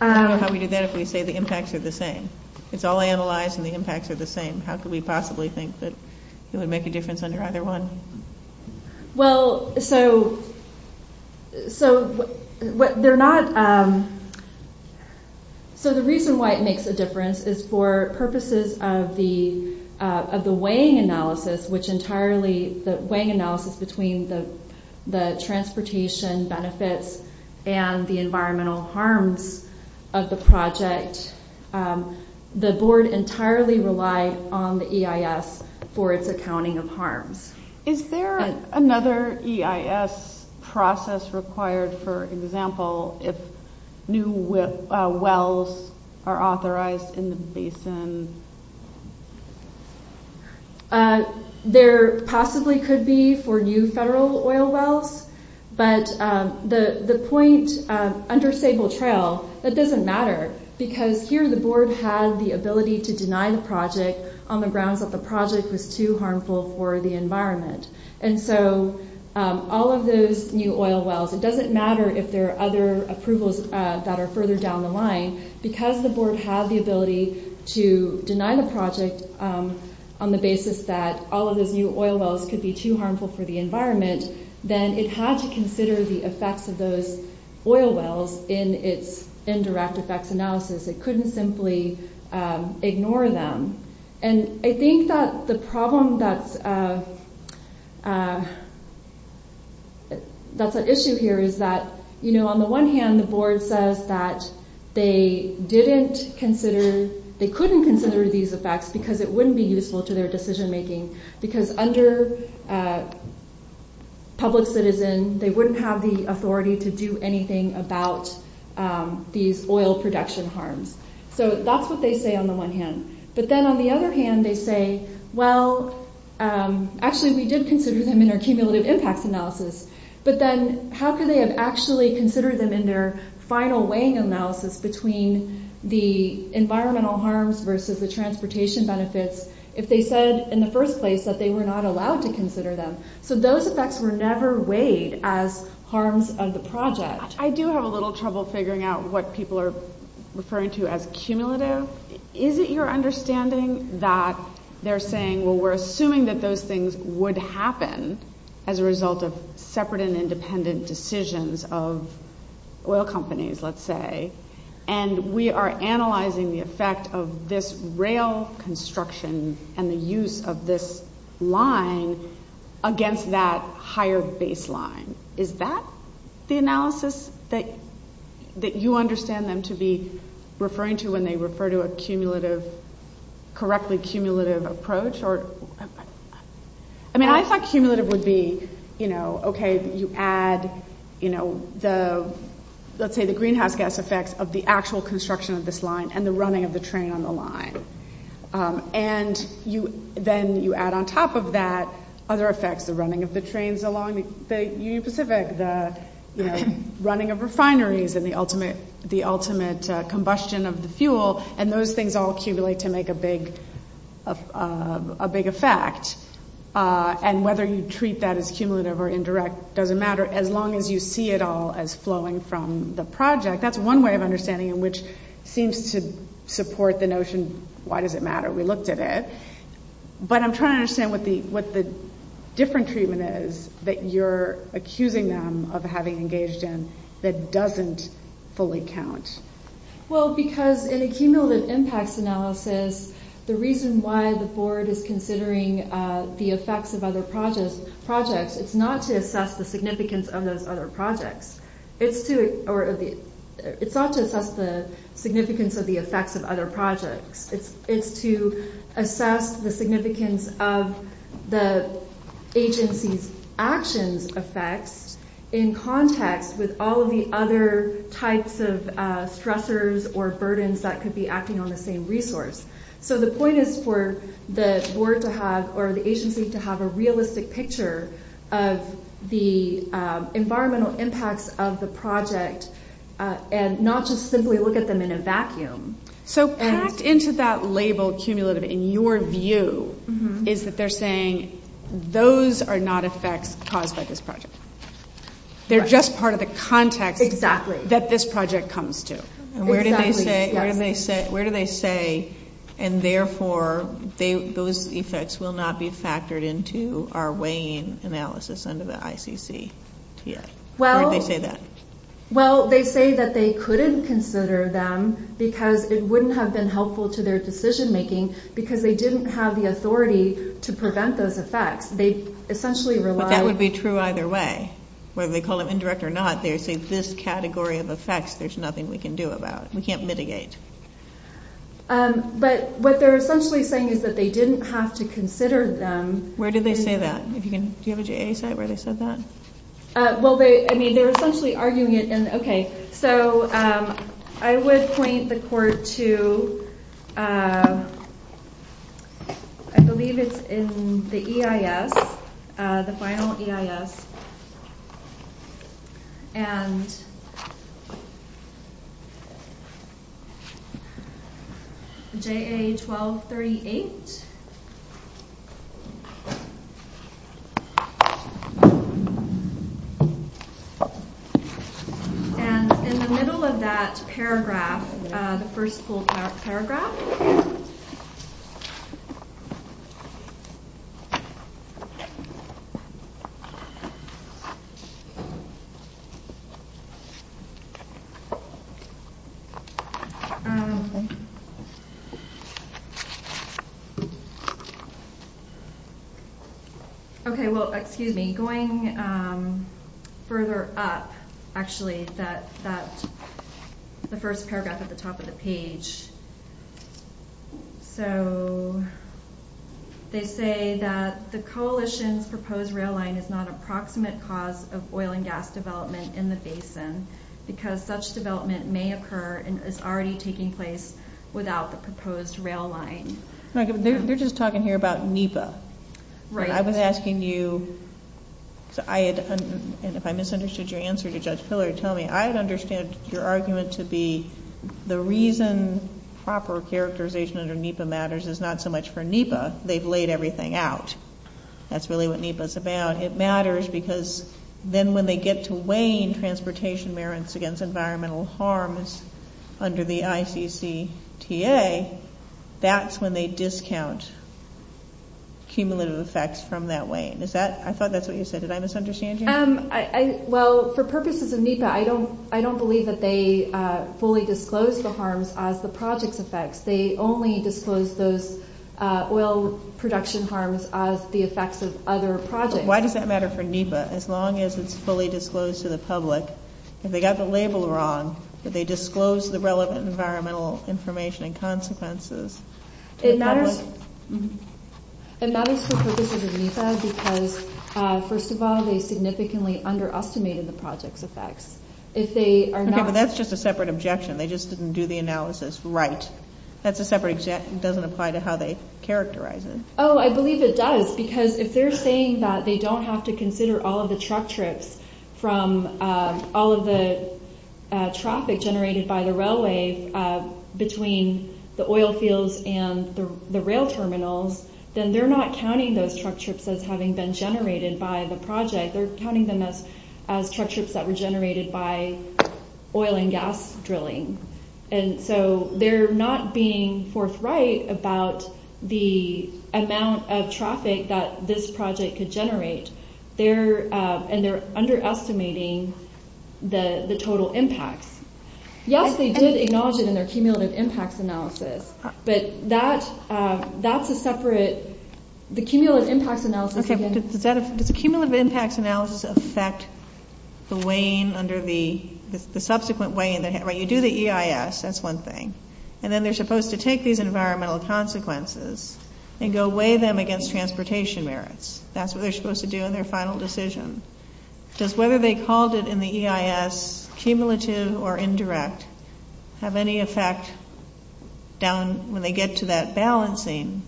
How can we do that if we say the impacts are the same? It's all analyzed and the impacts are the same. How can we possibly think that it would make a difference under either one? Well, so the reason why it makes a difference is for purposes of the weighing analysis, which entirely, the weighing analysis between the transportation benefits and the environmental harm of the project, the board entirely relies on the EIS for its accounting of harm. Is there another EIS process required, for example, if new wells are authorized in the basin? There possibly could be for new federal oil wells, but the point under stable trail, it doesn't matter, because here the board has the ability to deny the project on the grounds that the project was too harmful for the environment. And so all of those new oil wells, it doesn't matter if there are other approvals that are further down the line, because the board has the ability to deny the project on the basis that all of those new oil wells could be too harmful for the environment, then it had to consider the effects of those oil wells in its indirect effects analysis. It couldn't simply ignore them. And I think that the problem that's at issue here is that, you know, on the one hand the board says that they didn't consider, they couldn't consider these effects because it wouldn't be useful to their decision making, because under public citizen, they wouldn't have the authority to do anything about these oil production harms. So that's what they say on the one hand. But then on the other hand, they say, well, actually we did consider them in our cumulative impact analysis, but then how could they have actually considered them in their final weighing analysis between the environmental harms versus the transportation benefits if they said in the first place that they were not allowed to consider them. So those effects were never weighed as harms of the project. I do have a little trouble figuring out what people are referring to as cumulative. Is it your understanding that they're saying, well, we're assuming that those things would happen as a result of separate and independent decisions of oil companies, let's say, and we are analyzing the effect of this rail construction and the use of this line against that higher baseline. Is that the analysis that you understand them to be referring to when they refer to a correctly cumulative approach? I mean, I thought cumulative would be, okay, you add the, let's say, the greenhouse gas effects of the actual construction of this line and the running of the train on the line. And then you add on top of that other effects, the running of the trains along, the running of refineries and the ultimate combustion of the fuel, and those things all accumulate to make a big effect. And whether you treat that as cumulative or indirect doesn't matter as long as you see it all as flowing from the project. That's one way of understanding it, which seems to support the notion, why does it matter, we looked at it. But I'm trying to understand what the different treatment is that you're accusing them of having engaged in that doesn't fully count. Well, because in a cumulative impact analysis, the reason why the board is considering the effects of other projects is not to assess the significance of those other projects. It's not to assess the significance of the effects of other projects. It's to assess the significance of the agency's action effects in context with all of the other types of stressors or burdens that could be acting on the same resource. So the point is for the board to have, or the agency to have, a realistic picture of the environmental impacts of the project and not just simply look at them in a vacuum. So packed into that label, cumulative, in your view, is that they're saying those are not effects caused by this project. They're just part of the context that this project comes to. Where do they say, and therefore those effects will not be factored into our weighing analysis under the ICC? Why do they say that? Well, they say that they couldn't consider them because it wouldn't have been helpful to their decision making because they didn't have the authority to prevent those effects. That would be true either way, whether they call it indirect or not. There's this category of effects. There's nothing we can do about it. We can't mitigate. But what they're essentially saying is that they didn't have to consider them. Where do they say that? Do you have a JSA site where they said that? Well, I mean, they're essentially arguing it. Okay, so I would point the court to, I believe it's in the EIS, the final EIS, and JA-1238. And in the middle of that paragraph, the first full paragraph, Okay, well, excuse me. Going further up, actually, that's the first paragraph at the top of the page. So they say that the coalition's proposed rail line is not an approximate cause of oil and gas development in the basin because such development may occur and is already taking place without the proposed rail line. You're just talking here about NEPA. I was asking you, and if I misunderstood your answer to Judge Pillard, tell me, I understand your argument to be the reason proper characterization under NEPA matters is not so much for NEPA. They've laid everything out. That's really what NEPA's about. It matters because then when they get to weighing transportation merits against environmental harms under the ICCTA, that's when they discount cumulative effects from that weigh-in. I thought that's what you said. Did I misunderstand you? Well, for purposes of NEPA, I don't believe that they fully disclose the harms as the project's effects. They only disclose those oil production harms as the effects of other projects. Why does that matter for NEPA? As long as it's fully disclosed to the public. If they've got the label wrong, that they disclose the relevant environmental information and consequences to the public. It matters for purposes of NEPA because, first of all, they've significantly under-estimated the project's effects. Okay, but that's just a separate objection. They just didn't do the analysis right. That's a separate objection. It doesn't apply to how they characterize it. Oh, I believe it does because if they're saying that they don't have to consider all of the truck trips from all of the traffic generated by the railways between the oil fields and the rail terminals, then they're not counting those truck trips as having been generated by the project. They're counting them as truck trips that were generated by oil and gas drilling. And so they're not being forthright about the amount of traffic that this project could generate. And they're under-estimating the total impact. Yes, they did acknowledge it in their cumulative impacts analysis. But that's a separate... The cumulative impacts analysis... Okay, but does the cumulative impacts analysis affect the weighing under the... The subsequent weighing... When you do the EIS, that's one thing. And then they're supposed to take these environmental consequences and go weigh them against transportation merits. That's what they're supposed to do in their final decision. Does whether they called it in the EIS, cumulative or indirect, have any effect down when they get to that balancing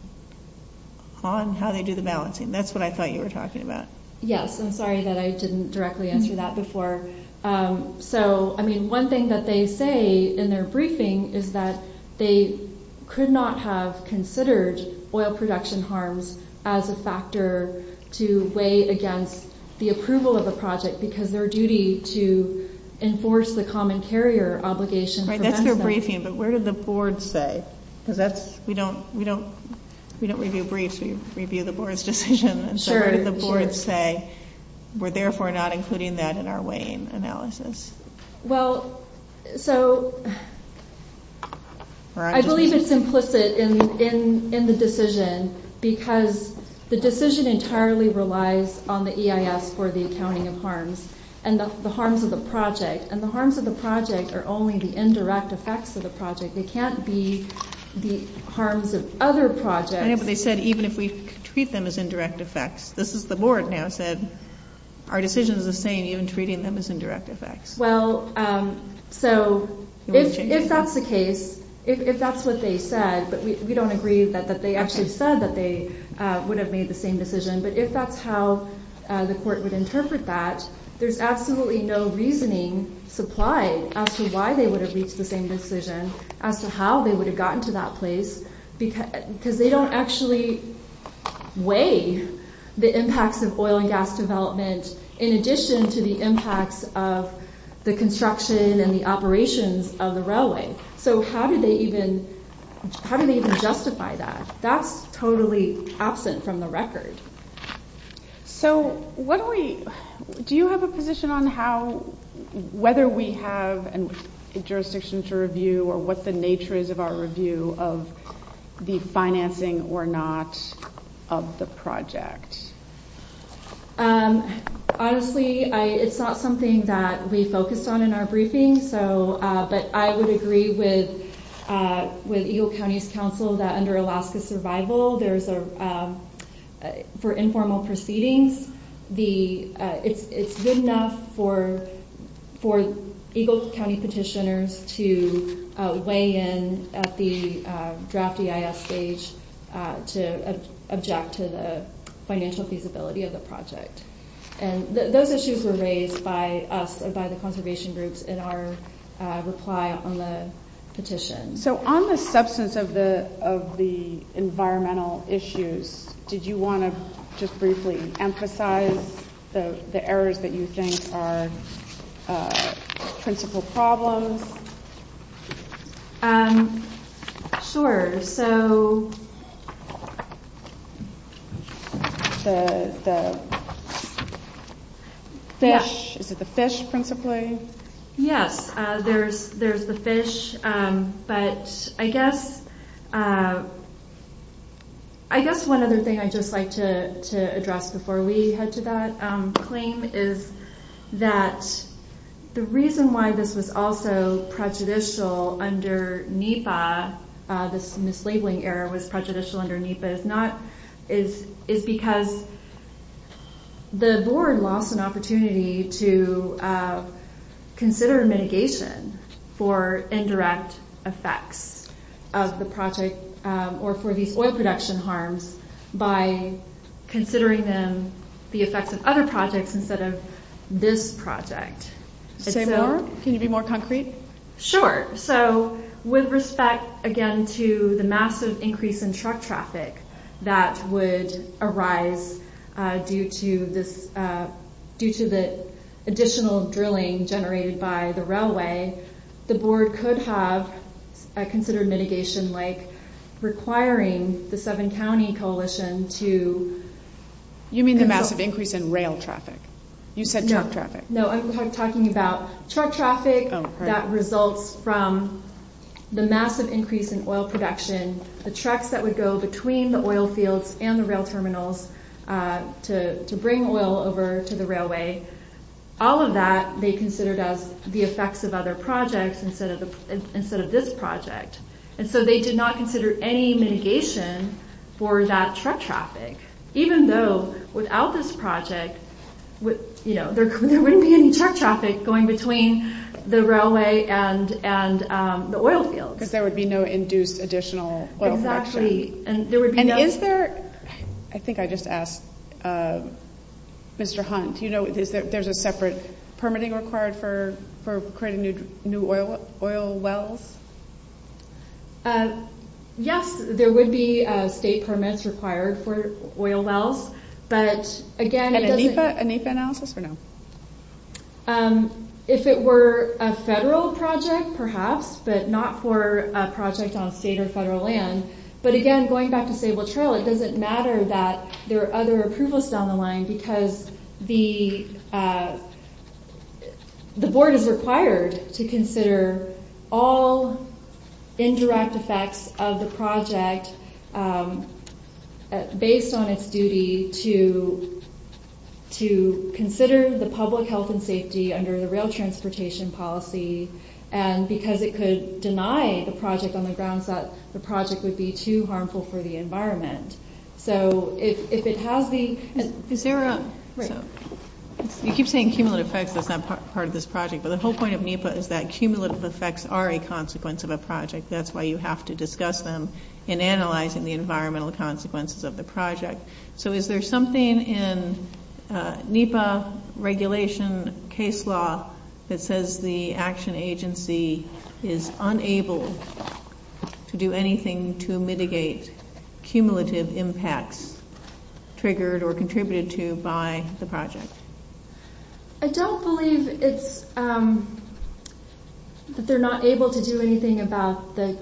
on how they do the balancing? That's what I thought you were talking about. Yes, I'm sorry that I didn't directly answer that before. So, I mean, one thing that they say in their briefing is that they could not have considered oil production harms as a factor to weigh against the approval of the project because their duty to enforce the common carrier obligation... Right, that's their briefing. But what did the board say? We don't review briefs. We review the board's decision. So what did the board say? We're therefore not including that in our weighing analysis. Well, so I believe it's implicit in the decision because the decision entirely relies on the EIS for the accounting of harms and the harms of the project. And the harms of the project are only the indirect effects of the project. They can't be the harms of other projects. But they said even if we treat them as indirect effects, this is what the board now said, our decision is the same even treating them as indirect effects. Well, so if that's the case, if that's what they said, we don't agree that they actually said that they would have made the same decision, but if that's how the court would interpret that, there's absolutely no reasoning supplied as to why they would have reached the same decision, as to how they would have gotten to that place because they don't actually weigh the impacts of oil and gas development in addition to the impacts of the construction and the operations of the railway. So how do they even justify that? That's totally absent from the record. So do you have a position on whether we have a jurisdiction to review or what the nature is of our review of the financing or not of the project? Honestly, it's not something that we focused on in our briefing, but I would agree with Eagle County's counsel that under Alaska Survival, for informal proceedings, it's good enough for Eagle County petitioners to weigh in at the draft EIS stage to object to the financial feasibility of the project. Those issues were raised by us and by the conservation groups in our reply on the petition. So on the substance of the environmental issues, did you want to just briefly emphasize the errors that you think are principal problems? Sure. The fish, is it the fish principally? Yeah, there's the fish. But I guess one other thing I'd just like to address before we head to that claim is that the reason why this was also prejudicial under NEPA, this mislabeling error was prejudicial under NEPA, is because the board lost an opportunity to consider mitigation for indirect effects of the project or for the oil production harms by considering them the effects of other projects instead of this project. Can you be more concrete? Sure. So with respect, again, to the massive increase in truck traffic that would arise due to the additional drilling generated by the railway, the board could have considered mitigation like requiring the seven-county coalition to... You mean the massive increase in rail traffic? You said truck traffic. No, I'm talking about truck traffic that results from the massive increase in oil production, the trucks that would go between the oil fields and the rail terminals to bring oil over to the railway. All of that they considered as the effects of other projects instead of this project. And so they did not consider any mitigation for that truck traffic, even though without this project there wouldn't be any truck traffic going between the railway and the oil fields. Because there would be no induced additional oil production. And is there... I think I just asked Mr. Hunt. Do you know if there's a separate permitting required for creating new oil wells? Yes, there would be state permits required for oil wells. But again... And a NEPA analysis for now? If it were a federal project, perhaps, but not for a project on state or federal land. But again, going back to Stable Trail, it doesn't matter that there are other approvals down the line because the board is required to consider all indirect effects of the project based on its duty to consider the public health and safety under the rail transportation policy because it could deny the project on the grounds that the project would be too harmful for the environment. So if it has the... You keep saying cumulative effects is not part of this project, but the whole point of NEPA is that cumulative effects are a consequence of a project. That's why you have to discuss them in analyzing the environmental consequences of the project. So is there something in NEPA regulation case law that says the action agency is unable to do anything to mitigate cumulative impacts triggered or contributed to by the project? I don't believe that they're not able to do anything about the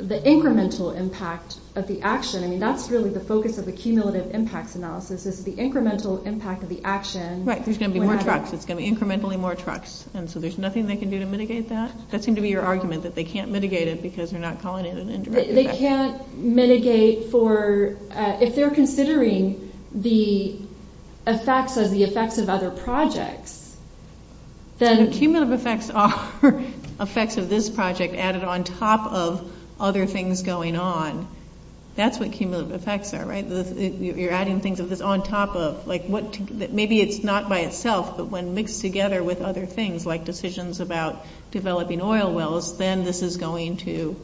incremental impact of the action. I mean, that's really the focus of the cumulative impacts analysis, is the incremental impact of the action. Right, there's going to be more trucks. It's going to be incrementally more trucks. And so there's nothing they can do to mitigate that? That seemed to be your argument, that they can't mitigate it because they're not calling it an indirect effect. They can't mitigate for... If they're considering the effects of the effects of other projects, then... Cumulative effects are effects of this project added on top of other things going on. That's what cumulative effects are, right? You're adding things that it's on top of. Maybe it's not by itself, but when mixed together with other things, like decisions about developing oil wells, then this is going to...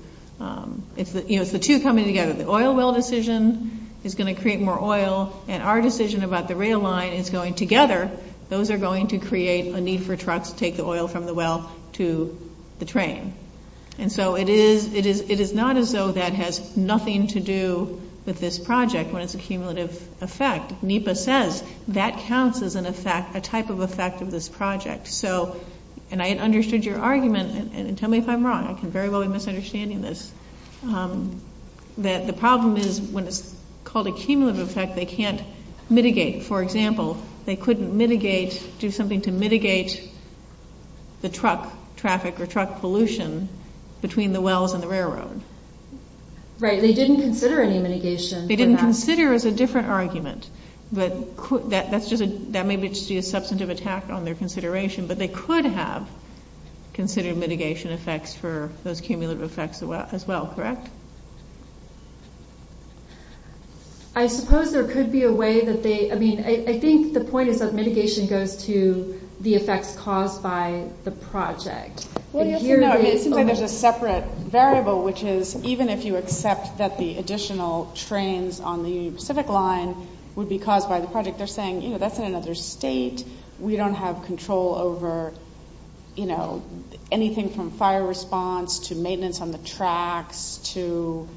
It's the two coming together. The oil well decision is going to create more oil, and our decision about the rail line is going together. Those are going to create a need for trucks to take the oil from the well to the train. And so it is not as though that has nothing to do with this project when it's a cumulative effect. NEPA says that counts as a type of effect of this project. So, and I understood your argument, and tell me if I'm wrong. I can very well be misunderstanding this. The problem is when it's called a cumulative effect, they can't mitigate. For example, they couldn't mitigate, do something to mitigate the truck traffic or truck pollution between the wells and the railroad. Right, they didn't consider any mitigation. They didn't consider. It's a different argument. That may be a substantive attack on their consideration, but they could have considered mitigation effects for those cumulative effects as well, correct? I suppose there could be a way that they... I mean, I think the point is that mitigation goes to the effects caused by the project. Well, you have to know, there's a separate variable, which is even if you accept that the additional trains on the Pacific line would be caused by the project, they're saying, you know, that's in another state. We don't have control over, you know, anything from fire response to maintenance on the tracks to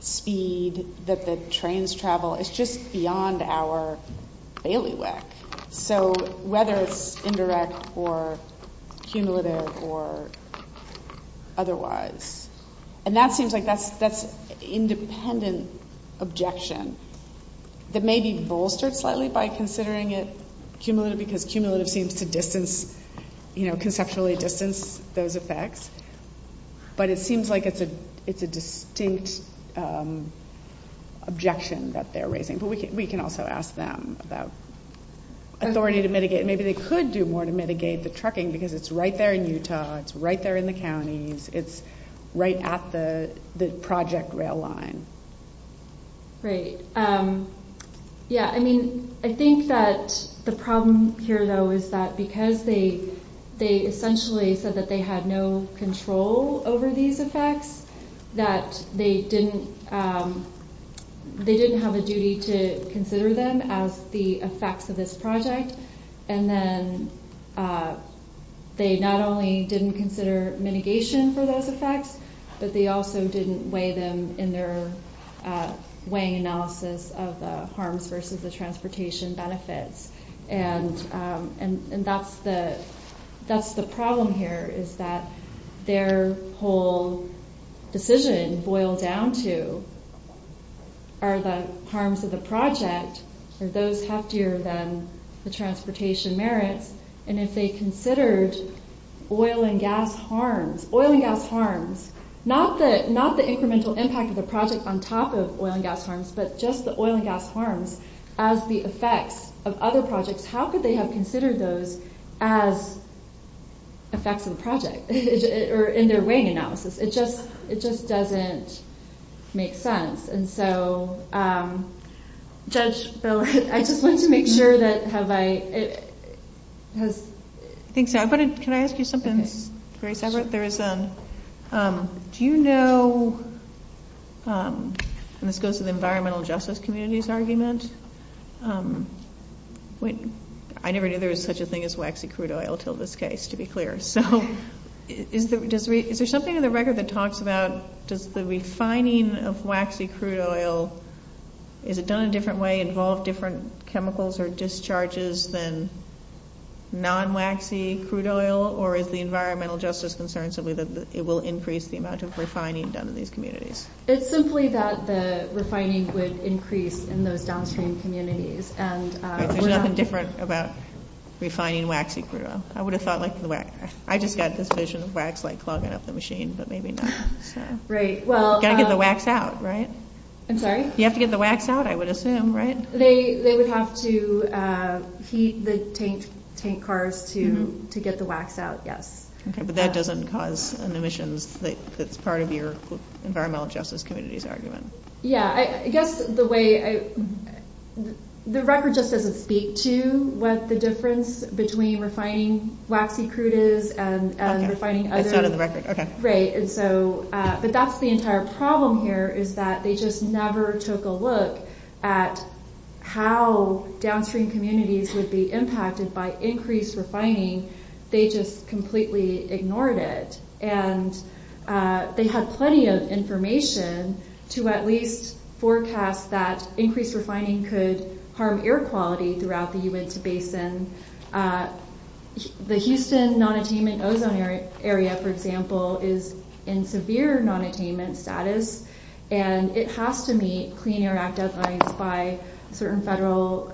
speed that the trains travel. It's just beyond our bailiwick. So, whether it's indirect or cumulative or otherwise. And that seems like that's independent objection. It may be bolstered slightly by considering it cumulative because cumulative seems to distance, you know, conceptually distance those effects. But it seems like it's a distinct objection that they're raising. But we can also ask them about authority to mitigate. Maybe they could do more to mitigate the trucking because it's right there in Utah. It's right there in the county. It's right at the project rail line. Great. Yeah, I mean, I think that the problem here, though, is that because they essentially said that they had no control over these effects, that they didn't have a duty to consider them as the effects of this project. And then they not only didn't consider mitigation for those effects, but they also didn't weigh them in their weighing analysis of the harms versus the transportation benefits. And that's the problem here is that their whole decision boils down to are the harms of the project, are those heftier than the transportation merit? And if they considered oil and gas harms, not the incremental impact of the project on top of oil and gas harms, but just the oil and gas harms as the effects of other projects, how could they have considered those as effects of the project or in their weighing analysis? It just doesn't make sense. And so, Judge, I just want to make sure that have I ‑‑ I think so, but can I ask you something very separate? Do you know, and this goes to the environmental justice community's argument, I never knew there was such a thing as waxy crude oil until this case, to be clear. So is there something in the record that talks about does the refining of waxy crude oil, is it done a different way, involve different chemicals or discharges than non‑waxy crude oil, or is the environmental justice concern simply that it will increase the amount of refining done in these communities? It's simply that the refining would increase in those downstream communities. There's nothing different about refining waxy crude oil. I would have thought like the wax. I just got this vision of wax like clogging up the machine, but maybe not. You have to get the wax out, right? I'm sorry? You have to get the wax out, I would assume, right? They would have to heat the tank cars to get the wax out, yes. But that doesn't cause an emission that's part of your environmental justice community's argument. Yeah, I guess the way—the record just doesn't speak to what the difference between refining waxy crude is and refining other— It's out of the record, okay. Right, but that's the entire problem here is that they just never took a look at how downstream communities would be impacted by increased refining. They just completely ignored it. They had plenty of information to at least forecast that increased refining could harm air quality throughout the Uintah Basin. The Houston non-attainment ozone area, for example, is in severe non-attainment status. It has to meet Clean Air Act deadlines by certain federal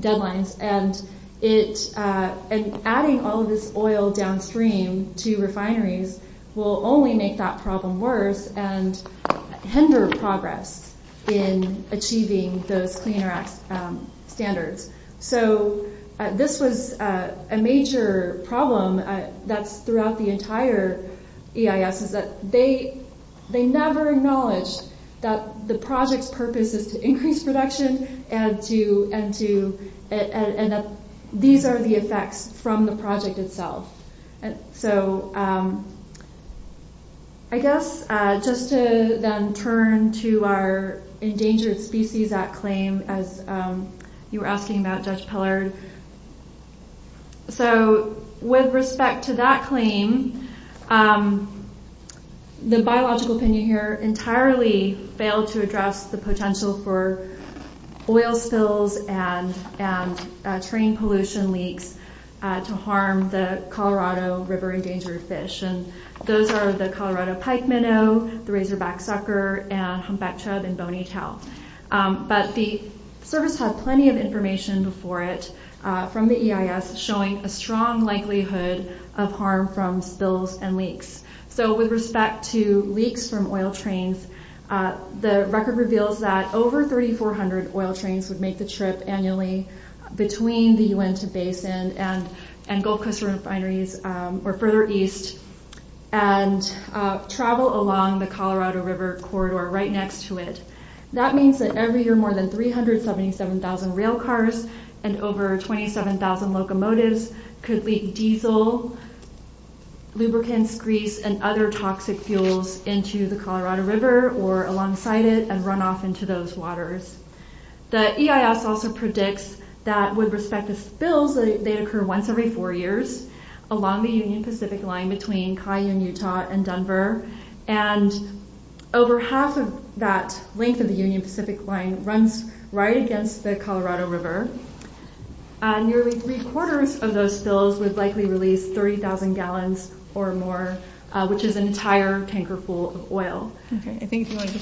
deadlines. Adding all of this oil downstream to refineries will only make that problem worse and hinder progress in achieving those Clean Air Act standards. This was a major problem throughout the entire EIS. They never acknowledged that the project's purpose is to increase production and that these are the effects from the project itself. I guess just to then turn to our Endangered Species Act claim, as you were asking about, Judge Pellard. With respect to that claim, the biological opinion here entirely failed to address the potential for oil spills and terrain pollution leaks to harm the Colorado river endangered fish. Those are the Colorado pike minnow, the razorback sucker, and humpback chub and bony chub. The service had plenty of information before it from the EIS showing a strong likelihood of harm from spills and leaks. With respect to leaks from oil trains, the record reveals that over 3,400 oil trains would make the trip annually between the Uintah Basin and Gold Coast refineries or further east and travel along the Colorado River corridor right next to it. That means that every year more than 377,000 rail cars and over 27,000 locomotives could leak diesel, lubricants, grease, and other toxic fuels into the Colorado River or alongside it and run off into those waters. The EIS also predicts that with respect to spills, they occur once every four years along the Union Pacific Line between Cayenne, Utah and Denver. Over half of that length of the Union Pacific Line runs right against the Colorado River. Nearly three quarters of those spills would likely release 30,000 gallons or more, which is an entire tanker full of oil. I guess what I'd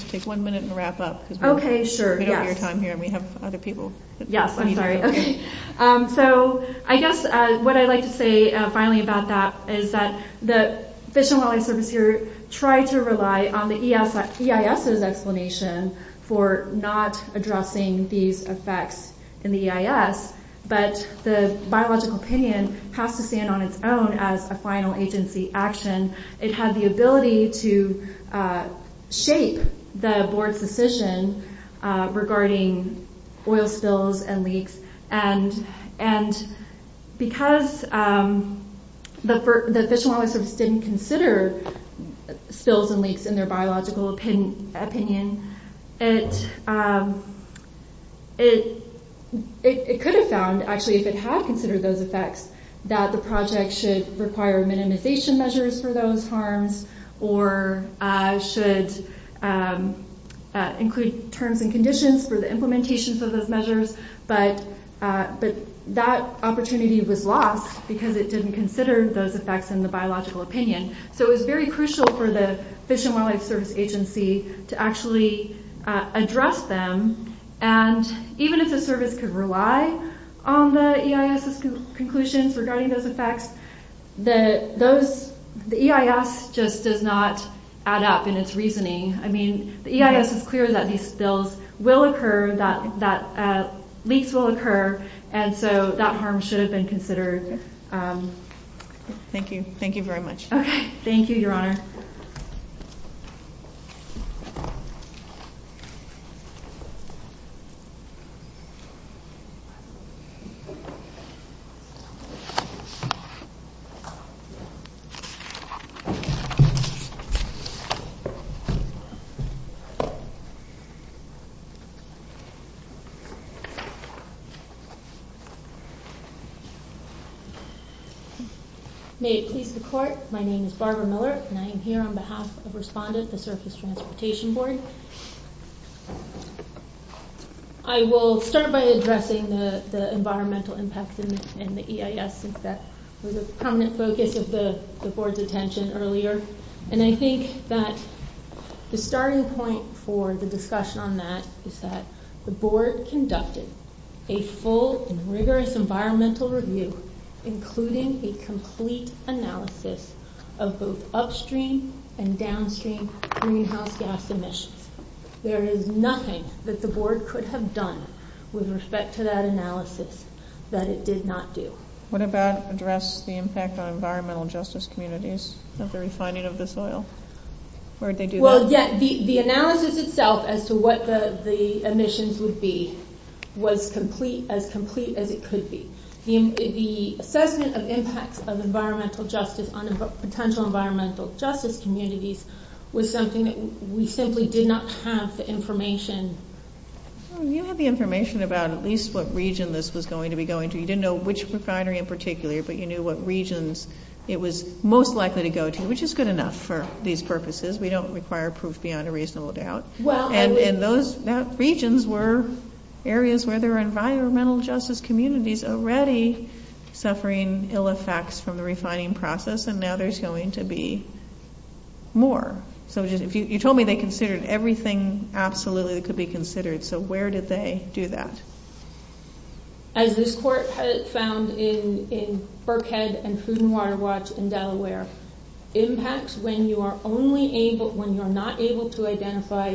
like to say finally about that is that the Fish and Wildlife Service Bureau tried to rely on the EIS's explanation for not addressing these effects in the EIS, but the biological opinion has to stand on its own as a final agency action. It had the ability to shape the board's decision regarding oil spills and leaks and because the Fish and Wildlife Service didn't consider spills and leaks in their biological opinion, it could have found, actually, if it had considered those effects, that the project should require minimization measures for those harms or should include terms and conditions for the implementations of those measures, but that opportunity was lost because it didn't consider those effects in the biological opinion. So it was very crucial for the Fish and Wildlife Service Agency to actually address them and even if the service could rely on the EIS's conclusions regarding those effects, the EIS just does not add up in its reasoning. The EIS is clear that leaks will occur and so that harm should have been considered. Thank you, Your Honor. May it please the Court, my name is Barbara Miller. I am here on behalf of Respondent, the Surface Transportation Board. I will start by addressing the environmental impact in the EIS. I think that was a prominent focus of the board's attention earlier and I think that the starting point for the discussion on that is that the board conducted a full and rigorous environmental review including a complete analysis of both upstream and downstream greenhouse gas emissions. There is nothing that the board could have done with respect to that analysis that it did not do. What about the impact on environmental justice communities and the refining of the soil? The analysis itself as to what the emissions would be was as complete as it could be. The assessment of the impact of environmental justice on potential environmental justice communities was something that we simply did not have the information. You had the information about at least what region this was going to be going to. You did not know which proprietary in particular, but you knew what regions it was most likely to go to, which is good enough for these purposes. We do not require proof beyond a reasonable doubt. And those regions were areas where there were environmental justice communities already suffering ill effects from the refining process and now there is going to be more. You told me they considered everything absolutely that could be considered. So where did they do that? As this court found in Berkhead and Pruden Water Watch in Delaware, impacts when you are not able to identify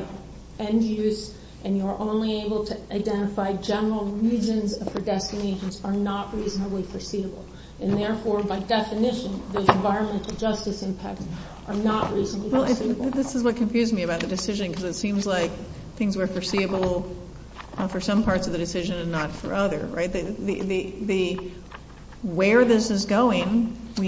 end use and you are only able to identify general regions of the destinations are not reasonably foreseeable. And therefore, by definition, the environmental justice impacts are not reasonably foreseeable. This is what confused me about the decision because it seems like things were foreseeable for some parts of the decision and not for others. Where this is going, there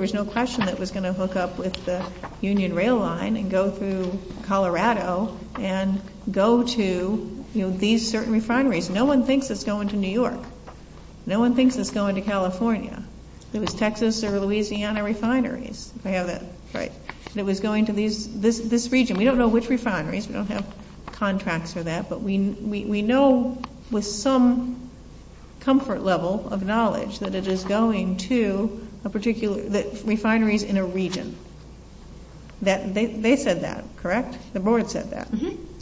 was no question it was going to hook up with the Union Rail Line and go through Colorado and go to these certain refineries. No one thinks it is going to New York. No one thinks it is going to California. It was Texas and Louisiana refineries that was going to this region. We don't know which refineries. We don't have contracts for that. But we know with some comfort level of knowledge that it is going to refineries in a region. They said that, correct? The board said that.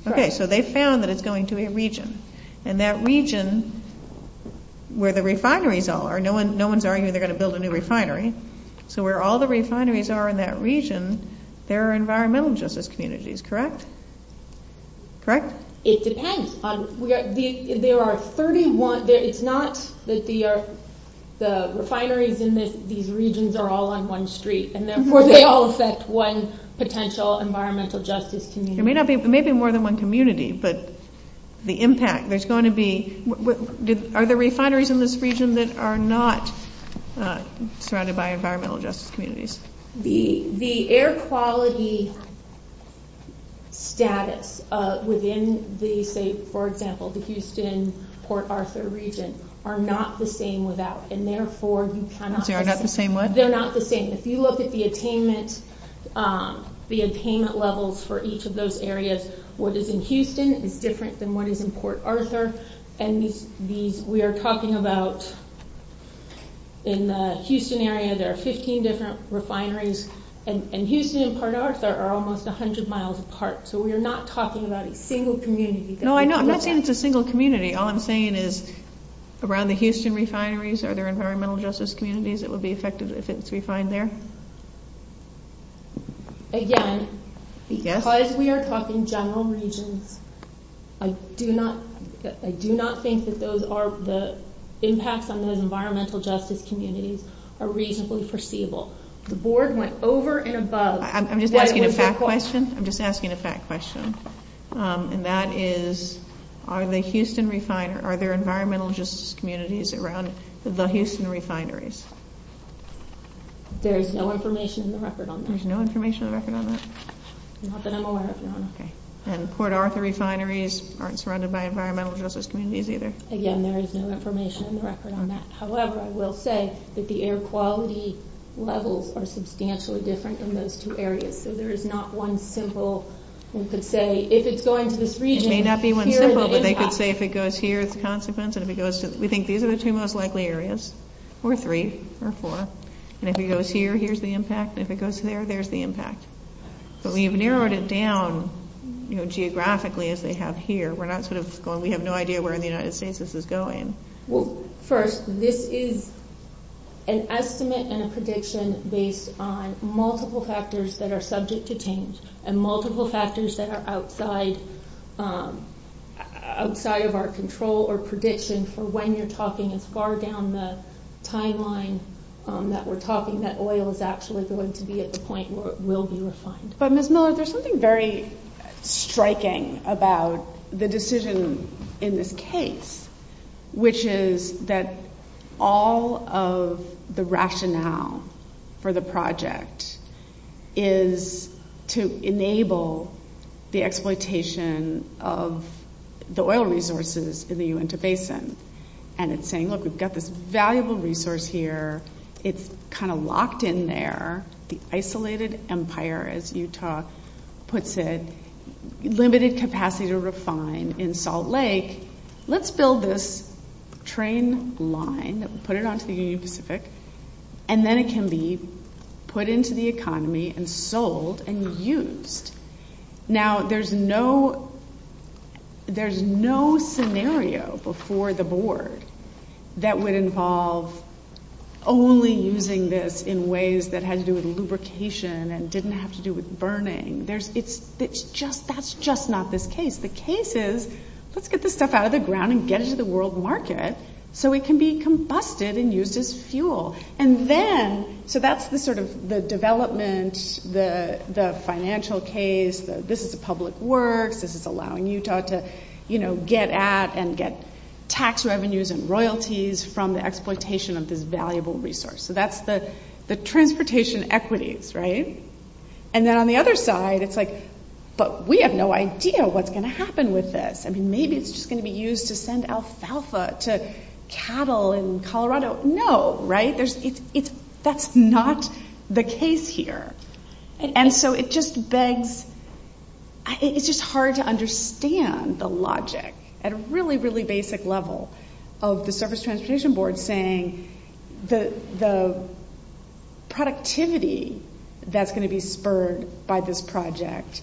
Okay. So they found that it is going to a region. And that region where the refineries are, no one is arguing they are going to build a new refinery. So where all the refineries are in that region, there are environmental justice communities, correct? It depends. There are 31. It is not that the refineries in these regions are all on one street. They all affect one potential environmental justice community. It may be more than one community. But the impact, there is going to be, are there refineries in this region that are not surrounded by environmental justice communities? The air quality status within the state, for example, the Houston, Port Arthur region, are not the same without. And therefore, you cannot. They are not the same? They are not the same. If you look at the attainment levels for each of those areas, what is in Houston is different than what is in Port Arthur. And we are talking about in the Houston area, there are 15 different refineries. And Houston and Port Arthur are almost 100 miles apart. So we are not talking about a single community. No, I'm not saying it's a single community. All I'm saying is around the Houston refineries, are there environmental justice communities that will be affected if it's refined there? Again, because we are talking general regions, I do not think that those are the impacts on those environmental justice communities are reasonably foreseeable. The board went over and above. I'm just asking a fact question. I'm just asking a fact question. And that is, are there environmental justice communities around the Houston refineries? There is no information in the record on that. There's no information in the record on that? Not that I'm aware of, no. And Port Arthur refineries aren't surrounded by environmental justice communities either? Again, there is no information in the record on that. However, I will say that the air quality levels are substantially different in those two areas. So there is not one simple thing to say, if it's going to this region, here is the impact. It may not be one simple, but they could say if it goes here is the consequence. We think these are the two most likely areas, or three, or four. And if it goes here, here's the impact. And if it goes there, there's the impact. But we've narrowed it down geographically as they have here. We have no idea where in the United States this is going. Well, first, this is an estimate and a prediction based on multiple factors that are subject to change. And multiple factors that are outside of our control or prediction for when you're talking as far down the timeline that we're talking that oil is actually going to be at the point where it will be refined. But Ms. Miller, there's something very striking about the decision in this case, which is that all of the rationale for the project is to enable the exploitation of the oil resources in the Uinta Basin. And it's saying, look, we've got this valuable resource here. It's kind of locked in there. The isolated empire, as Utah puts it, limited capacity to refine in Salt Lake. Let's build this train line, put it onto the Union Pacific. And then it can be put into the economy and sold and used. Now, there's no scenario before the board that would involve only using this in ways that had to do with lubrication and didn't have to do with burning. That's just not the case. The case is, let's get this stuff out of the ground and get it to the world market so it can be combusted and used as fuel. So that's the development, the financial case. This is the public works. This is allowing Utah to get at and get tax revenues and royalties from the exploitation of this valuable resource. So that's the transportation equities. And then on the other side, it's like, but we have no idea what's going to happen with this. Maybe it's just going to be used to send alfalfa to cattle in Colorado. No, right? That's not the case here. And so it just begs, it's just hard to understand the logic at a really, really basic level of the service transportation board saying the productivity that's going to be spurred by this project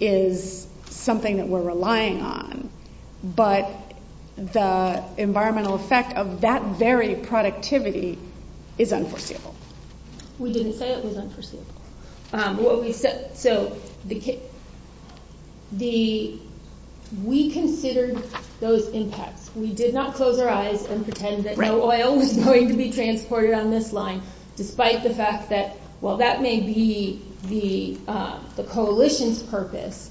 is something that we're relying on. But the environmental effect of that very productivity is unforeseeable. We didn't say it was unforeseeable. So we considered those impacts. We did not close our eyes and pretend that no oil was going to be transported on this line, despite the fact that while that may be the coalition's purpose,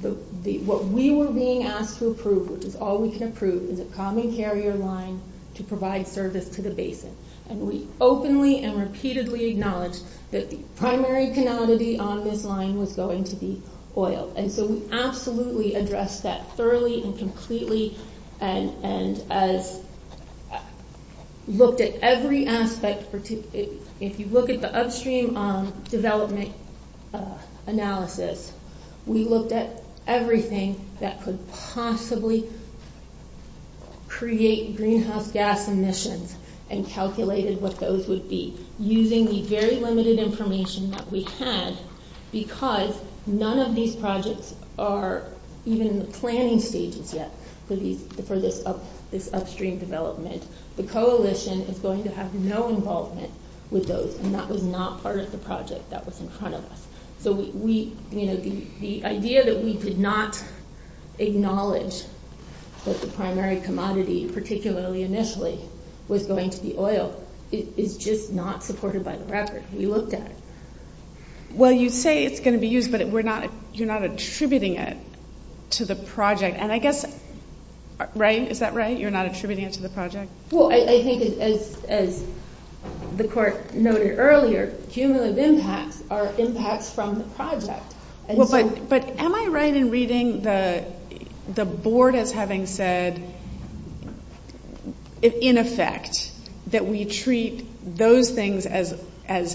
what we were being asked to approve, which is all we can approve, is a common carrier line to provide service to the basis. And we openly and repeatedly acknowledged that the primary tenacity on this line was going to be oil. And so we absolutely addressed that thoroughly and completely and looked at every aspect. If you look at the upstream development analysis, we looked at everything that could possibly create greenhouse gas emissions and calculated what those would be. Using the very limited information that we had, because none of these projects are even in the planning stages yet for this upstream development, the coalition is going to have no involvement with those. And that was not part of the project that was in front of us. So the idea that we did not acknowledge that the primary commodity, particularly initially, was going to be oil is just not supported by the record. We looked at it. Well, you say it's going to be used, but you're not attributing it to the project. And I guess, is that right? You're not attributing it to the project? Well, I think, as the court noted earlier, cumulative impacts are impacts from the project. But am I right in reading the board as having said, in effect, that we treat those things as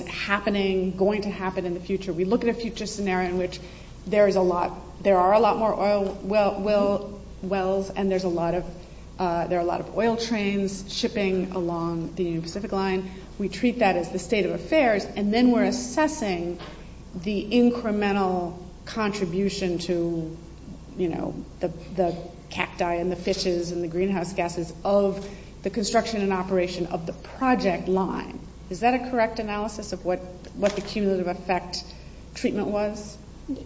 happening, going to happen in the future? We look at a future scenario in which there are a lot more oil wells and there are a lot of oil trains shipping along the Pacific line. We treat that as the state of affairs. And then we're assessing the incremental contribution to the cacti and the fishes and the greenhouse gases of the construction and operation of the project line. Is that a correct analysis of what the cumulative effect treatment was?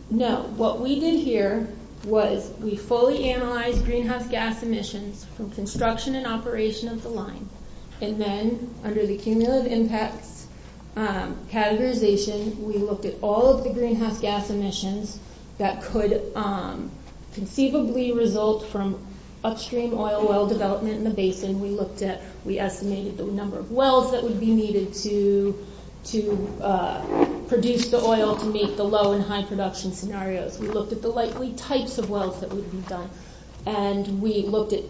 No. What we did here was we fully analyzed greenhouse gas emissions from construction and operation of the line. And then under the cumulative impact categorization, we looked at all of the greenhouse gas emissions that could conceivably result from upstream oil well development in the basin. We estimated the number of wells that would be needed to produce the oil to meet the low and high production scenarios. We looked at the likely types of wells that would be built. And we looked at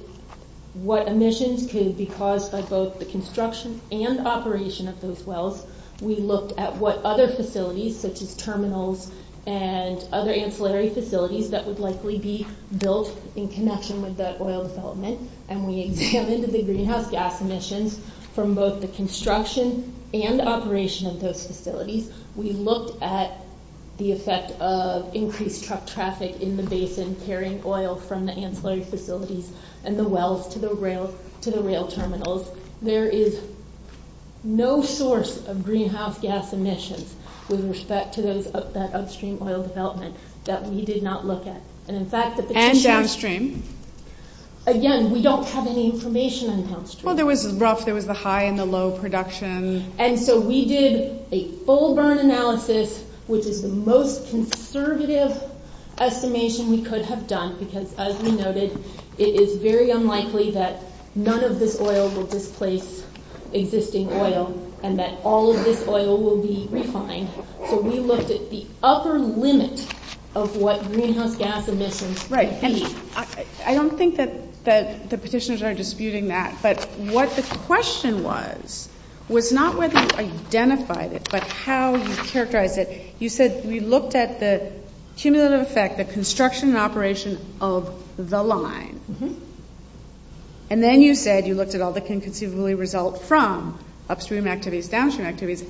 what emissions could be caused by both the construction and operation of those wells. We looked at what other facilities, such as terminals and other ancillary facilities, that would likely be built in connection with that oil development. And we examined the greenhouse gas emissions from both the construction and operation of those facilities. We looked at the effect of increased traffic in the basin carrying oil from the ancillary facilities and the wells to the rail terminals. There is no source of greenhouse gas emissions with respect to that upstream oil development that we did not look at. And downstream? Again, we don't have any information on downstream. Well, there was the rough, there was the high and the low production. And so we did a full burn analysis, which is the most conservative estimation we could have done because, as we noted, it is very unlikely that none of this oil will displace existing oil and that all of this oil will be refined. So we looked at the upper limit of what greenhouse gas emissions could be. Right. And I don't think that the petitioners are disputing that, but what the question was, was not whether you identified it, but how you characterized it. You said you looked at the cumulative effect, the construction and operation of the line. And then you said you looked at all that can conceivably result from upstream activities, downstream activities.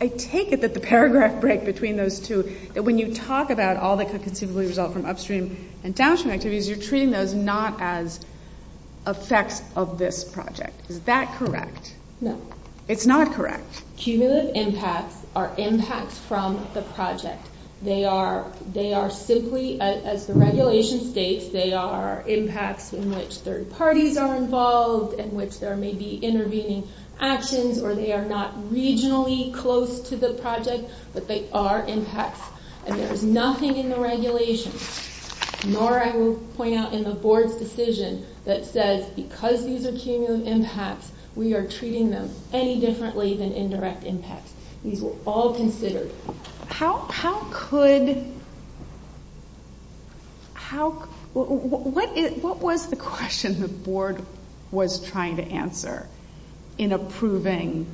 I take it that the paragraph break between those two, when you talk about all that can conceivably result from upstream and downstream activities, you're treating those not as effects of this project. Is that correct? No. It's not correct. Cumulative impacts are impacts from the project. They are simply, as the regulation states, they are impacts in which third parties are involved, in which there may be intervening actions, or they are not regionally close to the project, but they are impacts. And there is nothing in the regulation, nor I will point out in the board's decision, that says because these are cumulative impacts, we are treating them any differently than indirect impacts. These were all considered. How could, what was the question the board was trying to answer in approving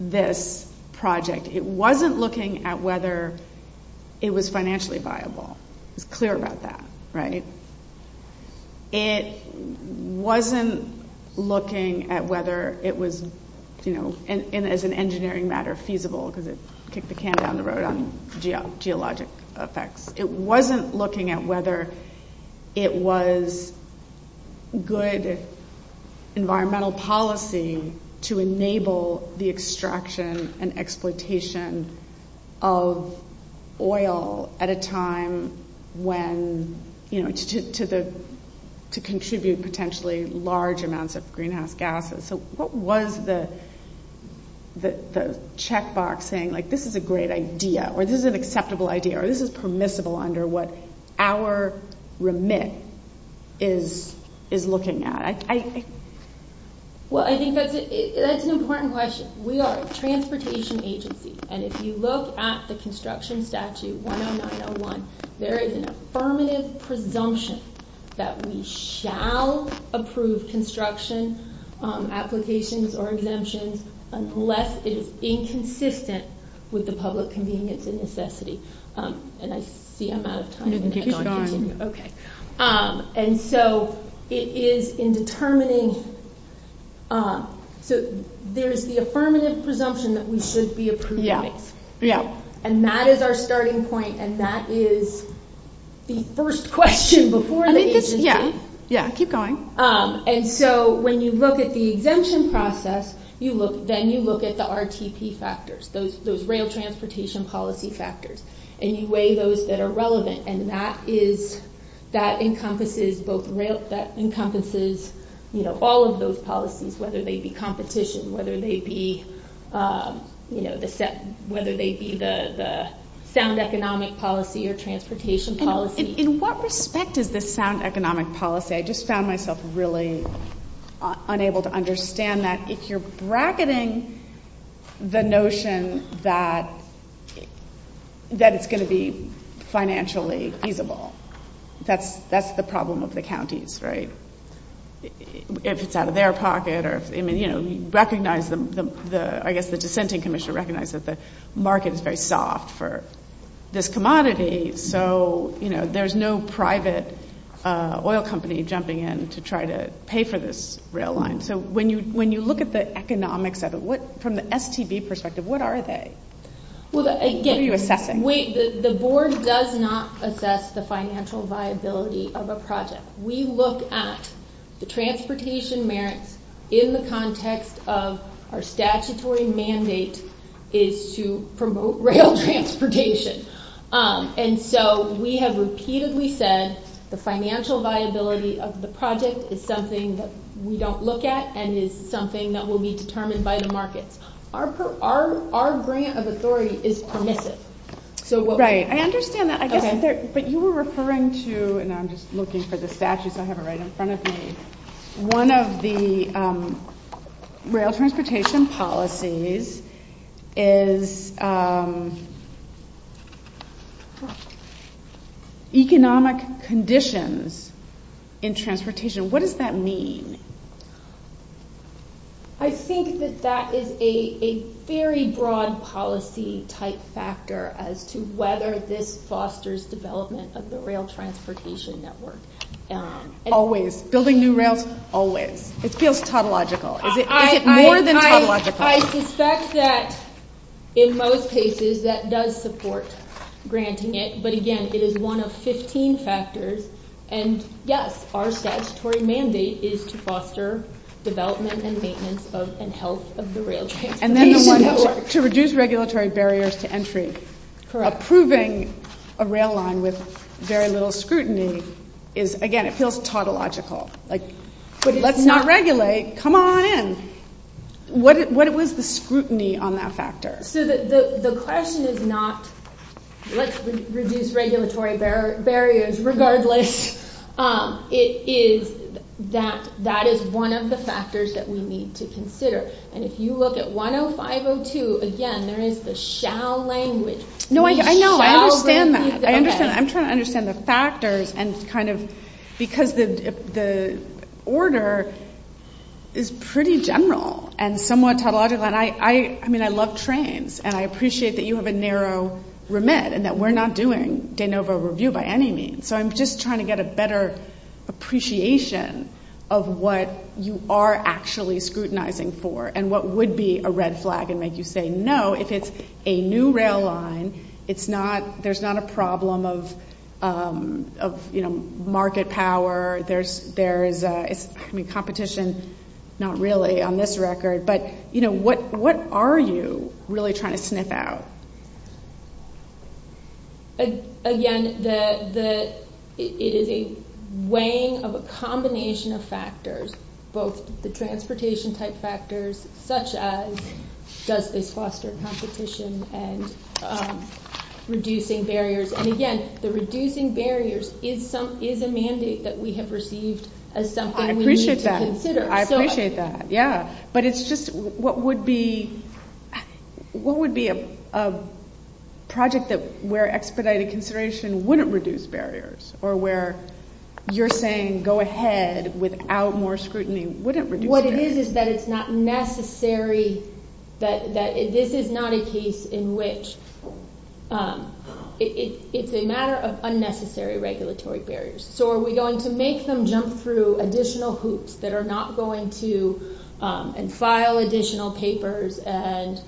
this project? It wasn't looking at whether it was financially viable. It's clear about that, right? It wasn't looking at whether it was, as an engineering matter, feasible, because it kicked the can down the road on geologic effects. It wasn't looking at whether it was good environmental policy to enable the extraction and exploitation of oil at a time when, you know, to contribute potentially large amounts of greenhouse gases. So what was the checkbox saying, like, this is a great idea, or this is an acceptable idea, or this is permissible under what our remit is looking at? Well, I think that's an important question. We are a transportation agency, and if you look at the construction statute, there is an affirmative presumption that we shall approve construction applications or exemptions unless it is inconsistent with the public convenience and necessity. And so it is in determining, there's the affirmative presumption that we should be approving. And that is our starting point, and that is the first question before the agency. Keep going. And so when you look at the exemption process, then you look at the RTP factors, those rail transportation policy factors, and you weigh those that are relevant. And that encompasses all of those policies, whether they be competition, whether they be the sound economic policy or transportation policy. In what respect is the sound economic policy? I just found myself really unable to understand that if you're bracketing the notion that it's going to be financially feasible. That's the problem with the counties, right? If it's out of their pocket, I guess the dissenting commission recognizes that the market is very soft for this commodity, so there's no private oil company jumping in to try to pay for this rail line. So when you look at the economics of it, from the STB perspective, what are they? I'll give you a second. The board does not assess the financial viability of a project. We look at the transportation merit in the context of our statutory mandate is to promote rail transportation. And so we have repeatedly said the financial viability of the project is something that we don't look at and is something that will be determined by the market. Our grant of authority is permissive. I understand that, but you were referring to, and I'm just looking for the statute so I have it right in front of me. One of the rail transportation policies is economic conditions in transportation. What does that mean? I think that that is a very broad policy type factor as to whether this fosters development of the rail transportation network. Always, building new rails, always. It feels tautological. Is it more than tautological? I suspect that in most cases that does support granting it, but again, it is one of 15 factors. And yes, our statutory mandate is to foster development and maintenance and health of the rail transportation network. To reduce regulatory barriers to entry. Approving a rail line with very little scrutiny is, again, it feels tautological. Let's not regulate. Come on in. What was the scrutiny on that factor? The question is not, let's reduce regulatory barriers regardless. It is that that is one of the factors that we need to consider. And if you look at 105.02, again, there is the shall language. No, I know. I understand that. I'm trying to understand the factors and kind of because the order is pretty general and somewhat tautological. I mean, I love trains and I appreciate that you have a narrow remit and that we're not doing de novo review by any means. So, I'm just trying to get a better appreciation of what you are actually scrutinizing for and what would be a red flag and make you say no if it's a new rail line. There's not a problem of market power. There's competition. Not really on this record. But, you know, what are you really trying to sniff out? Again, it is a weighing of a combination of factors. Both the transportation type factors such as does this foster competition and reducing barriers. And again, the reducing barriers is a mandate that we have received as something we need to consider. I appreciate that, yeah. But it's just what would be a project where expedited consideration wouldn't reduce barriers or where you're saying go ahead without more scrutiny wouldn't reduce barriers. What it is is that it's not necessary. This is not a case in which it's a matter of unnecessary regulatory barriers. So, are we going to make them jump through additional hoops that are not going to and file additional papers and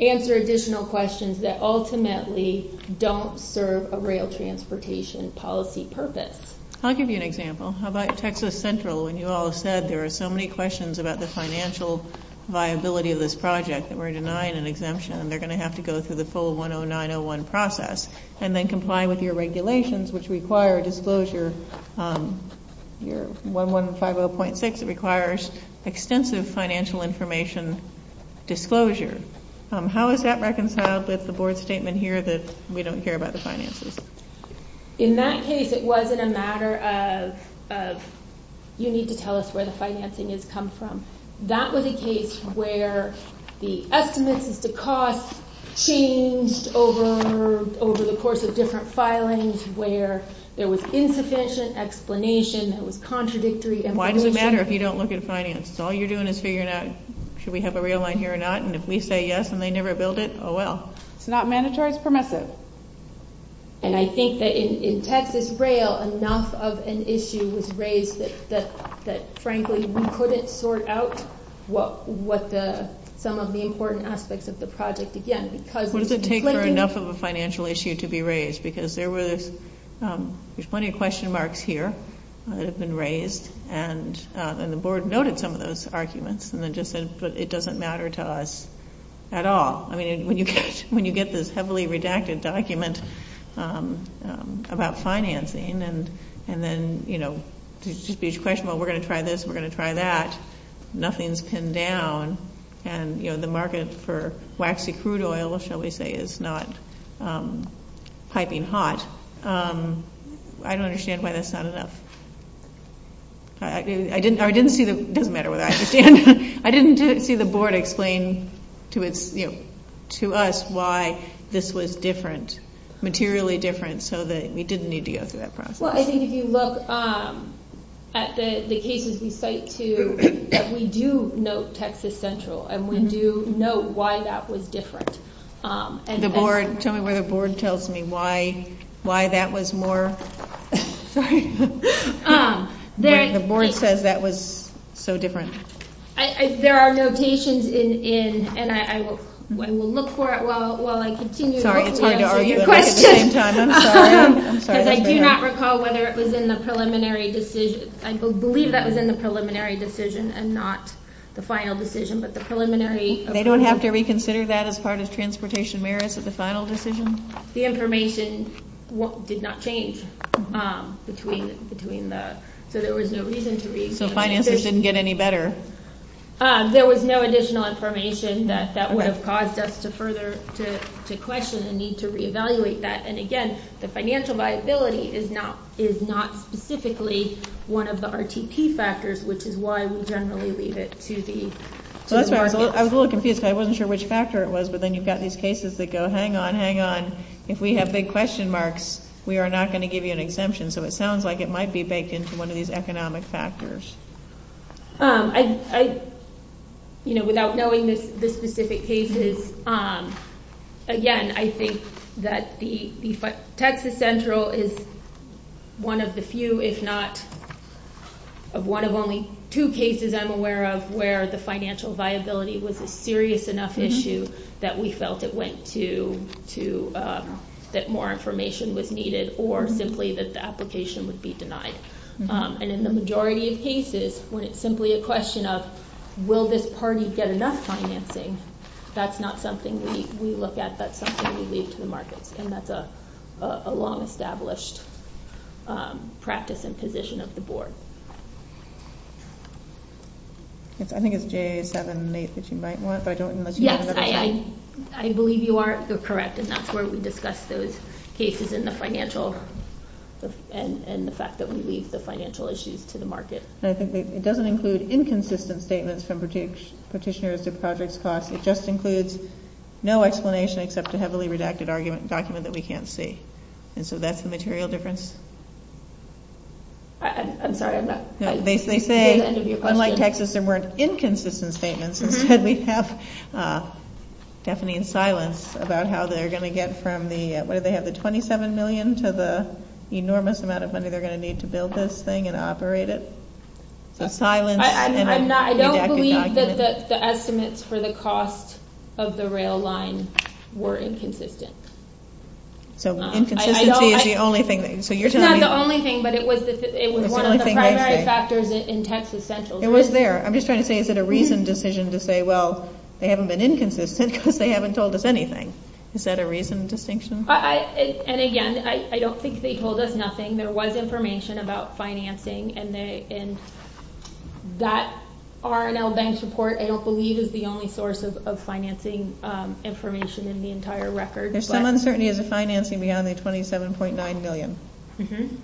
answer additional questions that ultimately don't serve a rail transportation policy purpose. I'll give you an example. How about Texas Central? When you all said there are so many questions about the financial viability of this project that we're denying an exemption and they're going to have to go through the full 10901 process and then comply with your regulations which require disclosure. Your 1150.6 requires extensive financial information disclosure. How is that reconciled with the board statement here that we don't care about the finances? In that case, it wasn't a matter of you need to tell us where the financing has come from. That was a case where the estimates of the cost changed over the course of different filings where there was insufficient explanation, there was contradictory information. Why does it matter if you don't look at finance? All you're doing is figuring out should we have a rail line here or not and if we say yes and they never build it, oh well. It's not mandatory, it's permitted. I think that in Texas Rail, enough of an issue was raised that frankly we couldn't sort out some of the important aspects of the project again. What does it take for enough of a financial issue to be raised? There's plenty of question marks here that have been raised and the board noted some of those arguments but it doesn't matter to us at all. When you get this heavily redacted document about financing and then there's just these questions, we're going to try this, we're going to try that, nothing's pinned down and the market for waxy crude oil, shall we say, is not piping hot. I don't understand why that's not enough. It doesn't matter what I understand. I didn't see the board explain to us why this was different, materially different, so that we didn't need to go through that process. Well, I think if you look at the cases we cite too, we do note Texas Central and we do note why that was different. Tell me what the board tells me, why that was more... The board says that was so different. There are notations and I will look for it while I continue. Sorry, I was trying to argue a question. I do not recall whether it was in the preliminary decision. I believe that was in the preliminary decision and not the final decision. They don't have to reconsider that as part of transportation merits at the final decision? The information did not change. So financing didn't get any better? There was no additional information that would have caused us to further question and need to reevaluate that. And again, the financial viability is not specifically one of the RTT factors, which is why we generally leave it to the... I was a little confused. I wasn't sure which factor it was, but then you've got these cases that go, hang on, hang on. If we have big question marks, we are not going to give you an exemption. So it sounds like it might be baked into one of these economic factors. Without knowing the specific cases, again, I think that Texas Central is one of the few, if not one of only two cases I'm aware of, where the financial viability was a serious enough issue that we felt it went to, that more information was needed or simply that the application would be denied. And in the majority of cases, when it's simply a question of, will this party get enough financing, that's not something we look at. That's not something we leave to the market, and that's a long-established practice and position of the board. I think it's J7. Yes, I believe you are correct, and that's where we discuss those cases and the fact that we leave the financial issues to the market. I think it doesn't include inconsistent statements from petitioners It just includes no explanation except a heavily redacted document that we can't see. And so that's the material difference. They say, unlike Texas, there are more inconsistent statements. We have Stephanie in silence about how they're going to get from the, whether they have the $27 million to the enormous amount of money they're going to need to build this thing and operate it. I don't believe that the estimates for the cost of the rail line were inconsistent. So inconsistency is the only thing. It's not the only thing, but it was one of the primary factors in Texas Central. It was there. I'm just trying to say, is it a reasoned decision to say, well, they haven't been inconsistent because they haven't told us anything. Is that a reasoned distinction? And again, I don't think they told us nothing. There was information about financing, and that R&L Bank report, I don't believe, is the only source of financing information in the entire record. There's some uncertainty in the financing beyond the $27.9 million. And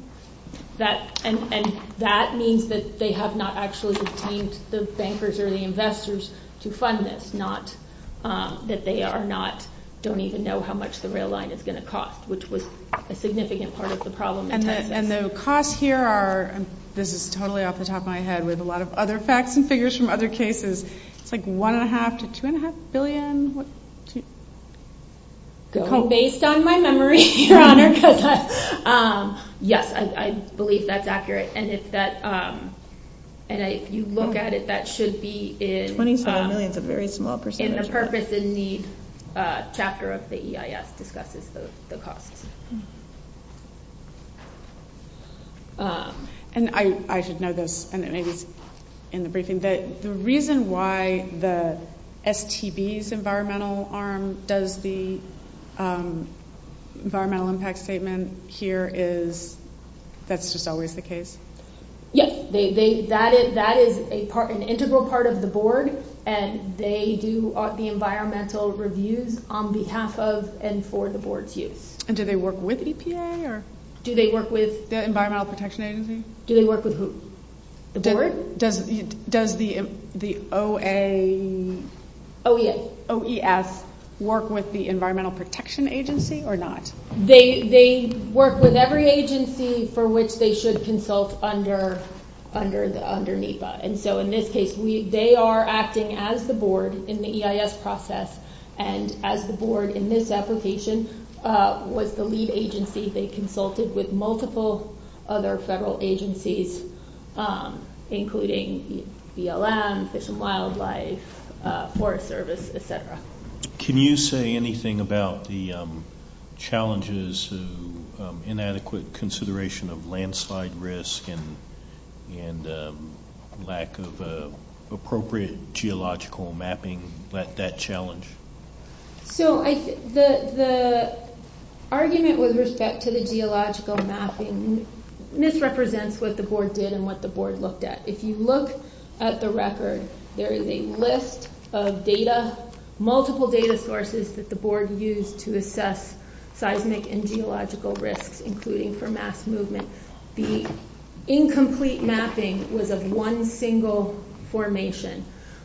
that means that they have not actually detained the bankers or the investors to fund this, not that they don't even know how much the rail line is going to cost, which was a significant part of the problem in Texas. And the costs here are, this is totally off the top of my head, with a lot of other facts and figures from other cases, like $1.5 to $2.5 billion? Based on my memory, Your Honor, yes, I believe that's accurate. And if you look at it, that should be in the purpose in the chapter of the EIS, that discusses the costs. And I should know this, and it may be in the briefing, but the reason why the STB's environmental arm does the environmental impact statement here is that's just always the case? Yes, that is an integral part of the board, and they do the environmental reviews on behalf of and for the board's use. And do they work with EPA? Do they work with the Environmental Protection Agency? Do they work with who? Does the OES work with the Environmental Protection Agency or not? They work with every agency for which they should consult under NEPA. And so in this case, they are acting as the board in the EIS process, and as the board in this application was the lead agency, they consulted with multiple other federal agencies, including BLM, Fish and Wildlife, Forest Service, et cetera. Can you say anything about the challenges of inadequate consideration of landslide risk and lack of appropriate geological mapping, that challenge? So the argument with respect to the geological mapping misrepresents what the board did and what the board looked at. If you look at the record, there is a list of data, multiple data sources that the board used to assess seismic and geological risks, including for mass movement. The incomplete mapping was of one single formation.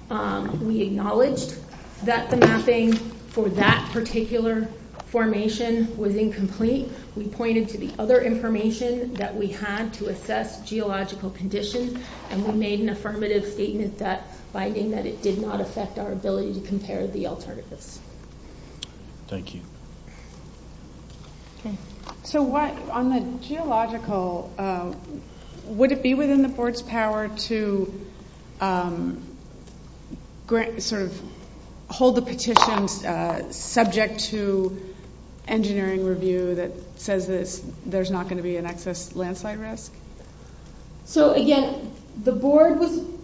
We acknowledged that the mapping for that particular formation was incomplete. We pointed to the other information that we had to assess geological conditions, and we made an affirmative statement finding that it did not affect our ability to compare the alternatives. Thank you. So on the geological, would it be within the board's power to sort of hold the petition subject to engineering review that says there's not going to be an excess landslide risk? So again, the board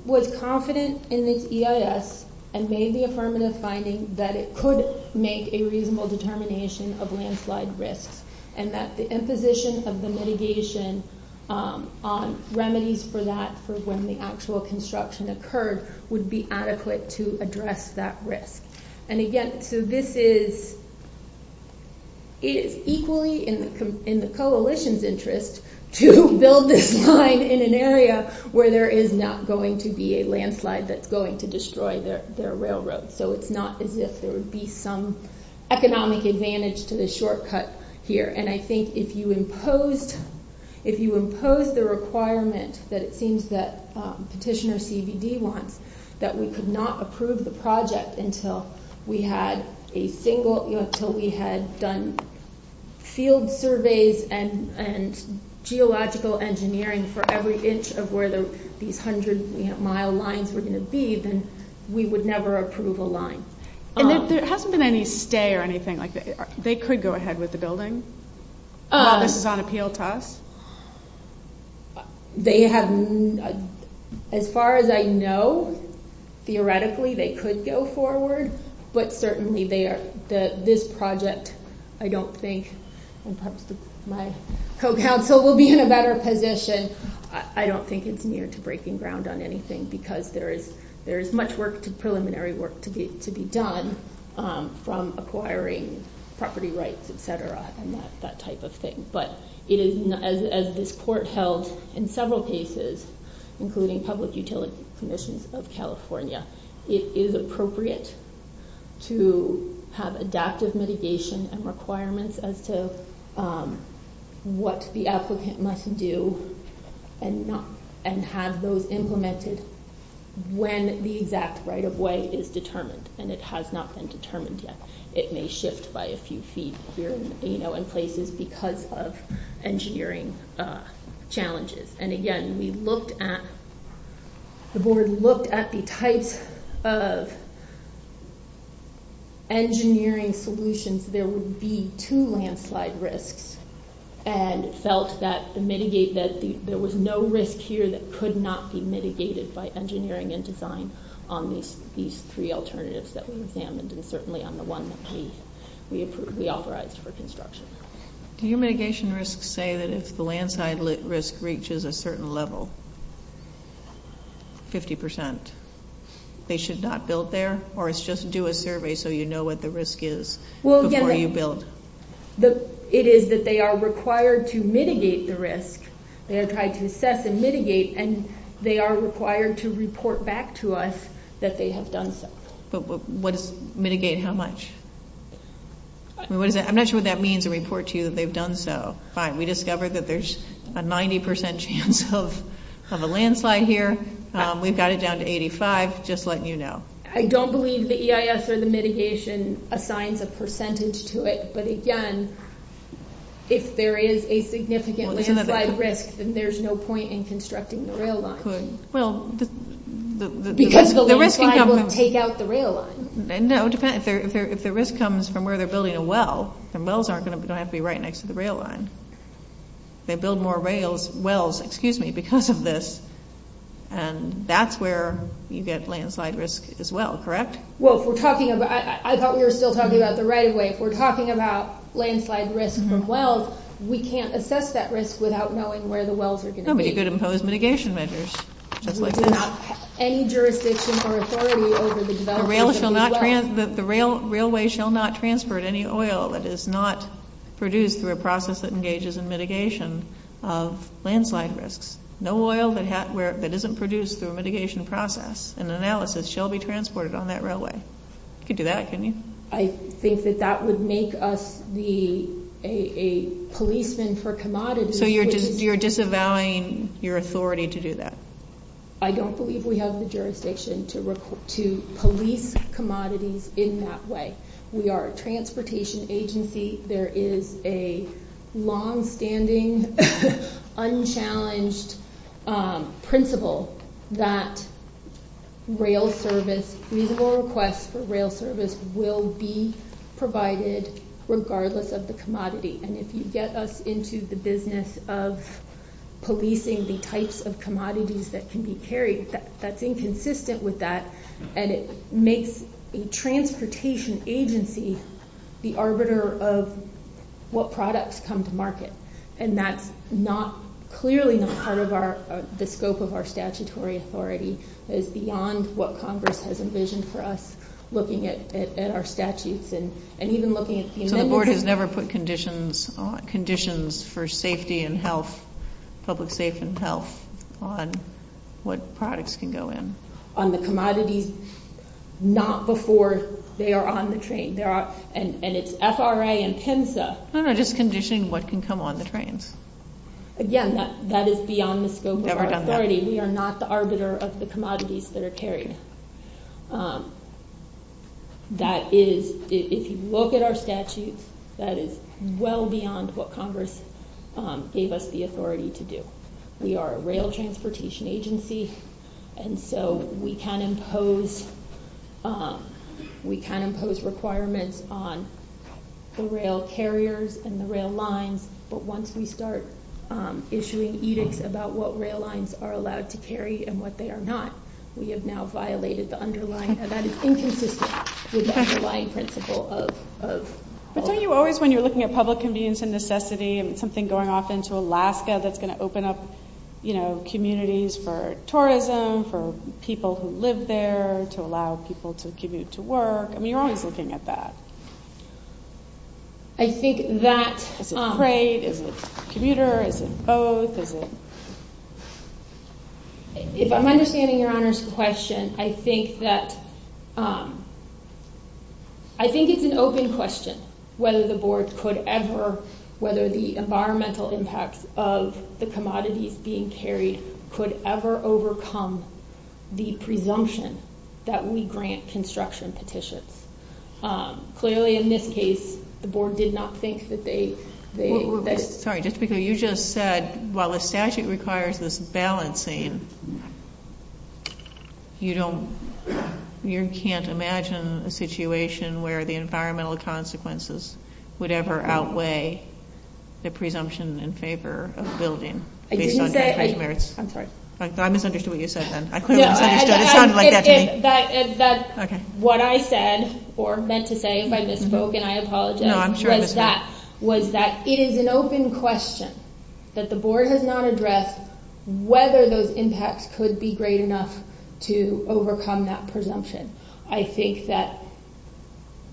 was confident in this EIS and made the affirmative finding that it could make a reasonable determination of landslide risk and that the imposition of the mitigation remedies for that for when the actual construction occurred would be adequate to address that risk. And again, so this is equally in the coalition's interest to build this line in an area where there is not going to be a landslide that's going to destroy their railroad. So it's not as if there would be some economic advantage to the shortcut here. And I think if you impose the requirements that it seems that Petitioner CBD wants, that we could not approve the project until we had done field surveys and geological engineering for every inch of where these hundred-mile lines were going to be, then we would never approve a line. And if there hasn't been any stay or anything like that, they could go ahead with the building? This is on appeal to us? They have, as far as I know, theoretically they could go forward, but certainly this project I don't think my co-counsel will be in a better position. I don't think it's near to breaking ground on anything because there is much preliminary work to be done from acquiring property rights, et cetera, and that type of thing. But as this court held in several cases, including public utility commissions of California, it is appropriate to have adaptive mitigation and requirements as to what the applicant must do and have those implemented when the exact right-of-way is determined. And it has not been determined yet. It may shift by a few feet here and places because of engineering challenges. And again, the board looked at the type of engineering solution so there would be two landslide risks and felt that there was no risk here that could not be mitigated by engineering and design on these three alternatives that were examined and certainly on the one that we authorized for construction. Do mitigation risks say that if the landslide risk reaches a certain level, 50%, they should not build there or it's just do a survey so you know what the risk is before you build? It is that they are required to mitigate the risk. They have tried to assess and mitigate and they are required to report back to us that they have done so. Mitigate how much? I'm not sure what that means to report to you that they've done so. All right, we discovered that there's a 90% chance of a landslide here. We've got it down to 85. Just letting you know. I don't believe the EIS or the mitigation assigns a percentage to it. But again, if there is a significant landslide risk, then there's no point in constructing the rail line. Because the landslide won't take out the rail line. If the risk comes from where they're building a well, the wells aren't going to have to be right next to the rail line. They build more wells because of this and that's where you get landslide risk as well, correct? I thought we were still talking about the right-of-way. If we're talking about landslide risk from wells, we can't assess that risk without knowing where the wells are connected. You could impose mitigation measures. Any jurisdiction or authority over the development of a well. The railway shall not transfer any oil that is not produced through a process that engages in mitigation of landslide risks. No oil that isn't produced through a mitigation process and analysis shall be transported on that railway. You could do that, couldn't you? I think that that would make us a policeman for commodities. So you're disavowing your authority to do that. I don't believe we have the jurisdiction to police commodities in that way. We are a transportation agency. There is a long-standing, unchallenged principle that rail service, request for rail service will be provided regardless of the commodity. And if you get us into the business of policing the types of commodities that can be carried, that's inconsistent with that. And it makes a transportation agency the arbiter of what products come to market. And that's clearly not part of the scope of our statutory authority. It's beyond what Congress has envisioned for us, looking at our statutes and even looking at payment. The board has never put conditions for safety and health, public safety and health, on what products can go in. On the commodities, not before they are on the train. And it's FRA and PIMSA. No, no, just conditioning what can come on the train. Again, that is beyond the scope of our authority. We are not the arbiter of the commodities that are carried. That is, if you look at our statutes, that is well beyond what Congress gave us the authority to do. We are a rail transportation agency. And so we can impose requirements on the rail carriers and the rail lines. But once we start issuing edicts about what rail lines are allowed to carry and what they are not, we have now violated the underlying event of inconsistency with the underlying principle of... But aren't you always, when you're looking at public convenience and necessity, and something going off into Alaska that's going to open up, you know, communities for tourism, for people who live there, to allow people to commute to work, I mean, you're always looking at that. I think that... Is it FRA, is it commuter, is it both, is it... If I'm understanding Your Honor's question, I think that... I think it's an open question whether the boards could ever, whether the environmental impact of the commodities being carried could ever overcome the presumption that we grant construction petitions. Clearly, in this case, the board did not think that they... Sorry, just because you just said, while the statute requires this balancing, you don't, you can't imagine a situation where the environmental consequences would ever outweigh the presumption in favor of building. I misunderstood what you said then. What I said, or meant to say, if I misspoke and I apologize, was that it is an open question that the board has not addressed whether those impacts could be great enough to overcome that presumption. I think that...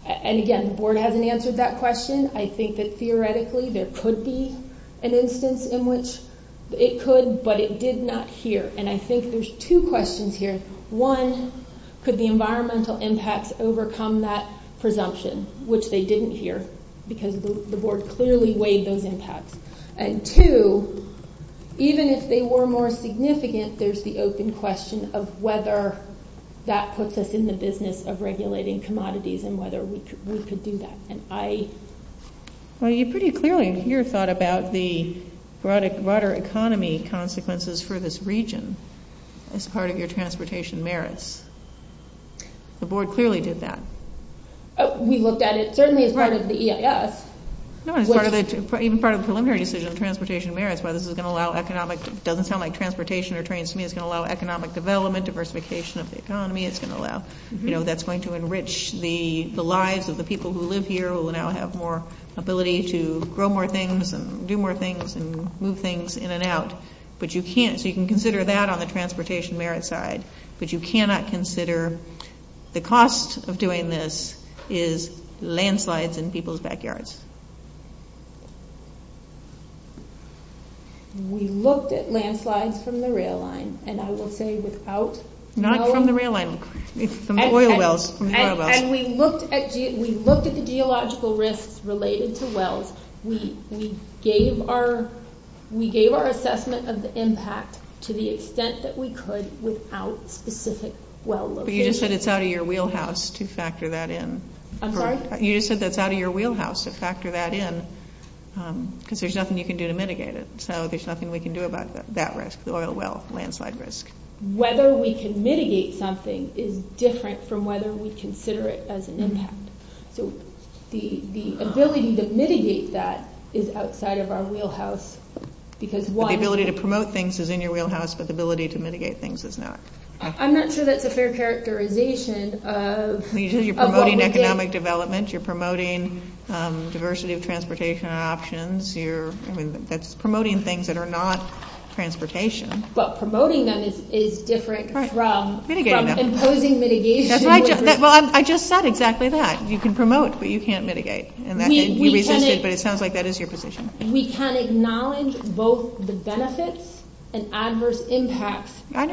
And again, the board hasn't answered that question. I think that, theoretically, there could be an instance in which it could, but it did not hear. And I think there's two questions here. One, could the environmental impact overcome that presumption, which they didn't hear, because the board clearly weighed those impacts. And two, even if they were more significant, there's the open question of whether that puts us in the business of regulating commodities and whether we could do that. Well, you pretty clearly here thought about the broader economy consequences for this region as part of your transportation merits. The board clearly did that. We looked at it certainly as part of the EIS. Even part of the preliminary decision on transportation merits, whether this is going to allow economic... It doesn't sound like transportation or trains to me. It's going to allow economic development, diversification of the economy. It's going to allow... That's going to enrich the lives of the people who live here who will now have more ability to grow more things and do more things and move things in and out. But you can't... So you can consider that on the transportation merits side, but you cannot consider the cost of doing this is landslides in people's backyards. We looked at landslides from the rail line, and I will say without... Not from the rail line. It's from oil wells, from the oil wells. And we looked at the geological risks related to wells. We gave our assessment of the impact to the extent that we could without specific well locations. But you just said it's out of your wheelhouse to factor that in. I'm sorry? You just said that's out of your wheelhouse to factor that in because there's nothing you can do to mitigate it. So there's nothing we can do about that risk, the oil well landslide risk. Whether we can mitigate something is different from whether we consider it as an impact. The ability to mitigate that is outside of our wheelhouse. The ability to promote things is in your wheelhouse, but the ability to mitigate things is not. I'm not sure that's a fair characterization. You're promoting economic development. You're promoting diversity of transportation options. That's promoting things that are not transportation. But promoting them is different from imposing mitigation. I just said exactly that. You can promote, but you can't mitigate. It sounds like that is your position. We can acknowledge both the benefits and adverse impacts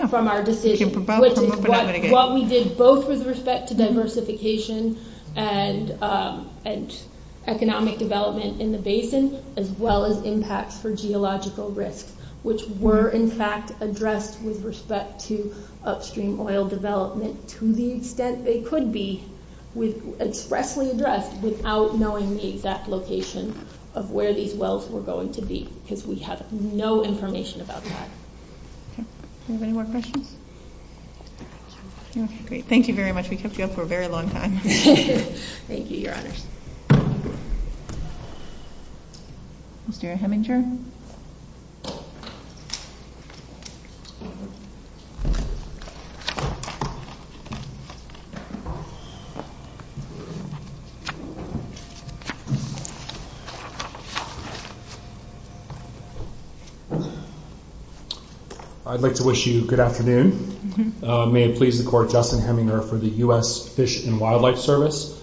from our decision. What we did both with respect to diversification and economic development in the basins as well as impacts for geological risks, which were in fact addressed with respect to upstream oil development to the extent they could be, was expressly addressed without knowing the exact location of where these wells were going to be because we have no information about that. Okay. Is there any more questions? No. Great. Thank you very much. We kept you up for a very long time. Thank you, Your Honor. Mr. Heminger? I'd like to wish you good afternoon. May it please the Court, Justin Heminger for the U.S. Fish and Wildlife Service.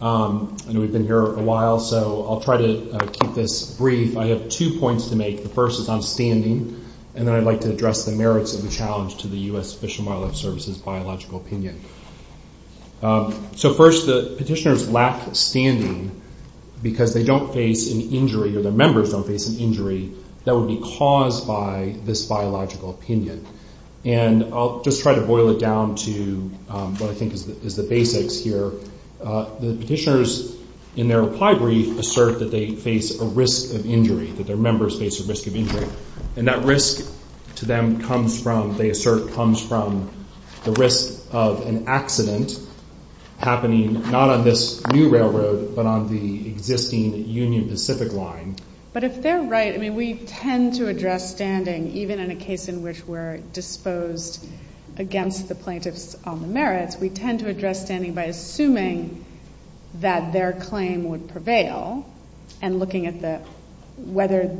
I know we've been here a while, so I'll try to keep this brief. I have two points to make. The first is on standing, and then I'd like to address the merits of the challenge to the U.S. Fish and Wildlife Service's biological preservation. So first, the petitioners lack standing because they don't face an injury, or their members don't face an injury, that would be caused by this biological opinion. And I'll just try to boil it down to what I think is the basics here. The petitioners, in their reply brief, assert that they face a risk of injury, that their members face a risk of injury. And that risk to them comes from, they assert, comes from the risk of an accident happening not on this new railroad, but on the existing Union Pacific line. But if they're right, I mean, we tend to address standing, even in a case in which we're disposed against the plaintiffs on the merits, we tend to address standing by assuming that their claim would prevail, and looking at whether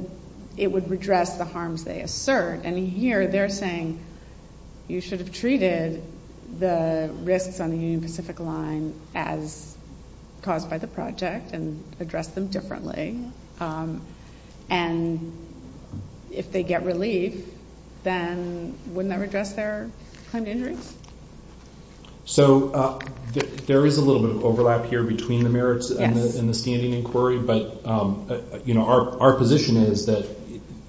it would redress the harms they assert. And here, they're saying, you should have treated the risks on the Union Pacific line as caused by the project and addressed them differently. And if they get relief, then wouldn't that redress their claim to injury? So there is a little bit of overlap here between the merits and the standing inquiry, but our position is that,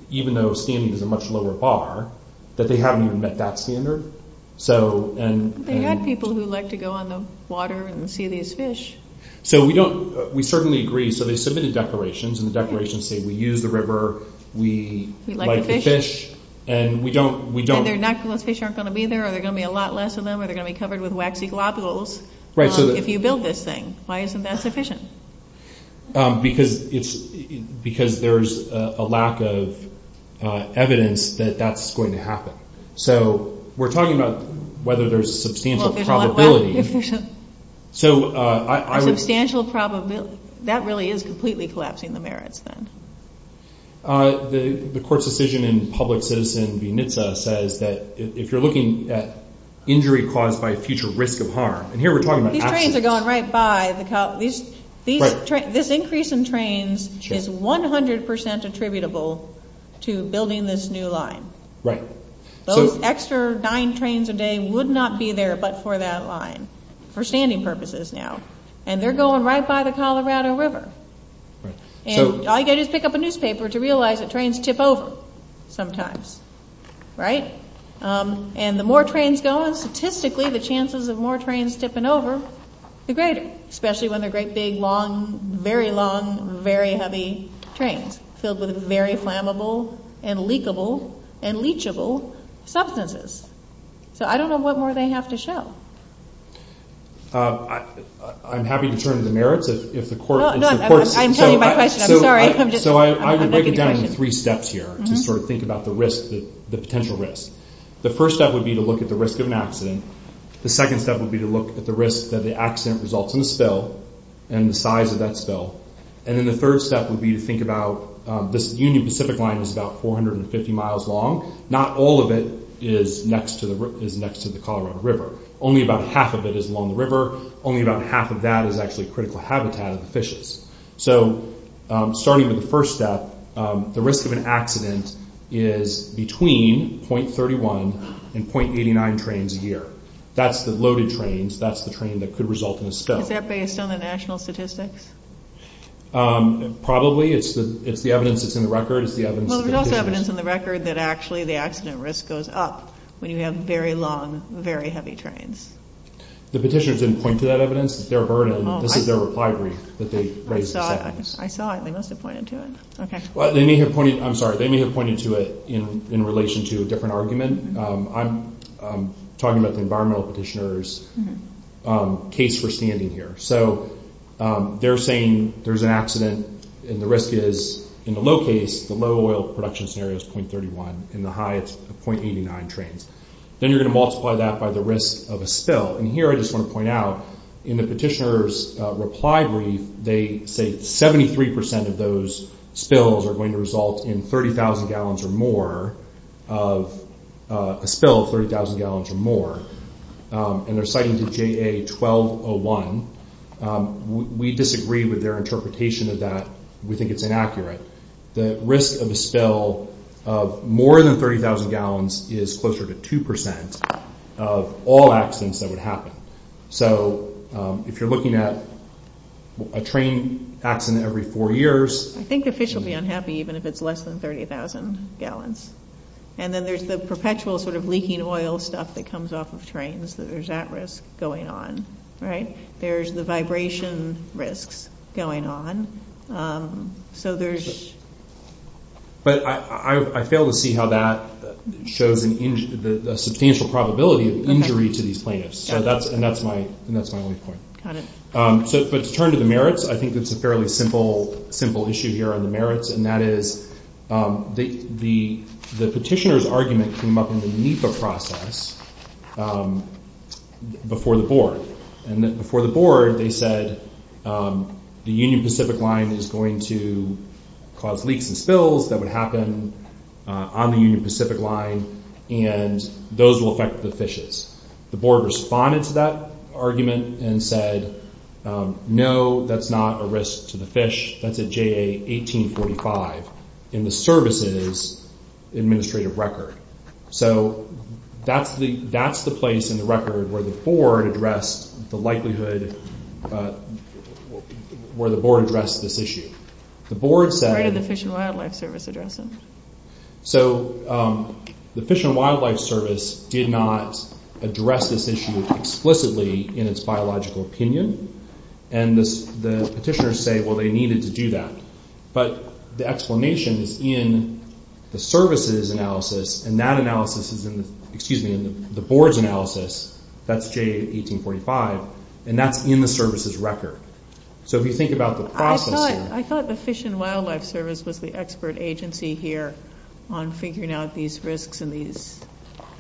even though standing is a much lower bar, that they haven't even met that standard. They have people who like to go on the water and see these fish. So we don't, we certainly agree. So they submitted declarations, and the declarations say we use the river, we like the fish, and we don't. And their natural fish aren't going to be there, or there are going to be a lot less of them, or they're going to be covered with waxy globules, if you build this thing. Why isn't that sufficient? Because there's a lack of evidence that that's going to happen. So we're talking about whether there's a substantial probability. A substantial probability. That really is completely collapsing the merits, then. The court's decision in Publix's and UNITSA says that if you're looking at injury caused by a future risk of harm, and here we're talking about... These trains are going right by the top. This increase in trains is 100% attributable to building this new line. Right. Those extra nine trains a day would not be there but for that line, for standing purposes now. And they're going right by the Colorado River. And all I get is pick up a newspaper to realize that trains tip over sometimes. Right? And the more trains go in, statistically, the chances of more trains tipping over are greater. Especially when they're great big, long, very long, very heavy trains filled with very flammable and leakable and leachable substances. So I don't know what more they have to show. I'm happy to turn to the merits if the court... I'm sorry, I'm just... So I would break it down into three steps here to sort of think about the risk, the potential risk. The first step would be to look at the risk of an accident and the second step would be to look at the risk that the accident results in a spill and the size of that spill. And then the third step would be to think about this Union Pacific line is about 450 miles long. Not all of it is next to the Colorado River. Only about half of it is along the river. Only about half of that is actually critical habitat, fishes. So starting with the first step, the risk of an accident is between .31 and .89 trains a year. That's the loaded trains. That's the train that could result in a spill. Is that based on the national statistics? Probably. It's the evidence that's in the record. Well, there's enough evidence in the record that actually the accident risk goes up when you have very long, very heavy trains. The petitioners didn't point to that evidence. It's their burden. This is their reply brief that they raised. I saw it. They must have pointed to it. Well, they may have pointed... I'm sorry, they may have pointed to it in relation to a different argument. I'm talking about the environmental petitioner's case for standing here. So they're saying there's an accident and the risk is in the low phase, the low oil production scenario is .31 and the high is .89 trains. Then you're going to multiply that by the risk of a spill. And here I just want to point out, in the petitioner's reply brief, they say 73% of those spills are going to result in 30,000 gallons or more, a spill of 30,000 gallons or more. And they're citing the JA 1201. We disagree with their interpretation of that. We think it's inaccurate. The risk of a spill of more than 30,000 gallons is closer to 2% of all accidents that would happen. So if you're looking at a train accident every four years... I think officials would be unhappy even if it's less than 30,000 gallons. And then there's the perpetual sort of leaking oil stuff that comes off of trains that there's that risk going on, right? There's the vibration risks going on. So there's... But I fail to see how that shows a substantial probability of injury to these plaintiffs. And that's my only point. Got it. But to turn to the merits, I think it's a fairly simple issue here on the merits, and that is the petitioner's argument came up in the NEPA process before the board. And before the board, they said, the Union Pacific Line is going to cause leaks and spills that would happen on the Union Pacific Line, and those will affect the fishes. The board responded to that argument and said, no, that's not a risk to the fish. That's a JA 1845 in the services administrative record. So that's the place in the record where the board addressed this issue. Where did the Fish and Wildlife Service address it? So the Fish and Wildlife Service did not address this issue explicitly in its biological opinion, and the petitioners say, well, they needed to do that. But the explanation is in the services analysis, and that analysis is in the board's analysis. That's JA 1845, and that's in the services record. So if you think about the process... I thought the Fish and Wildlife Service was the expert agency here on figuring out these risks and these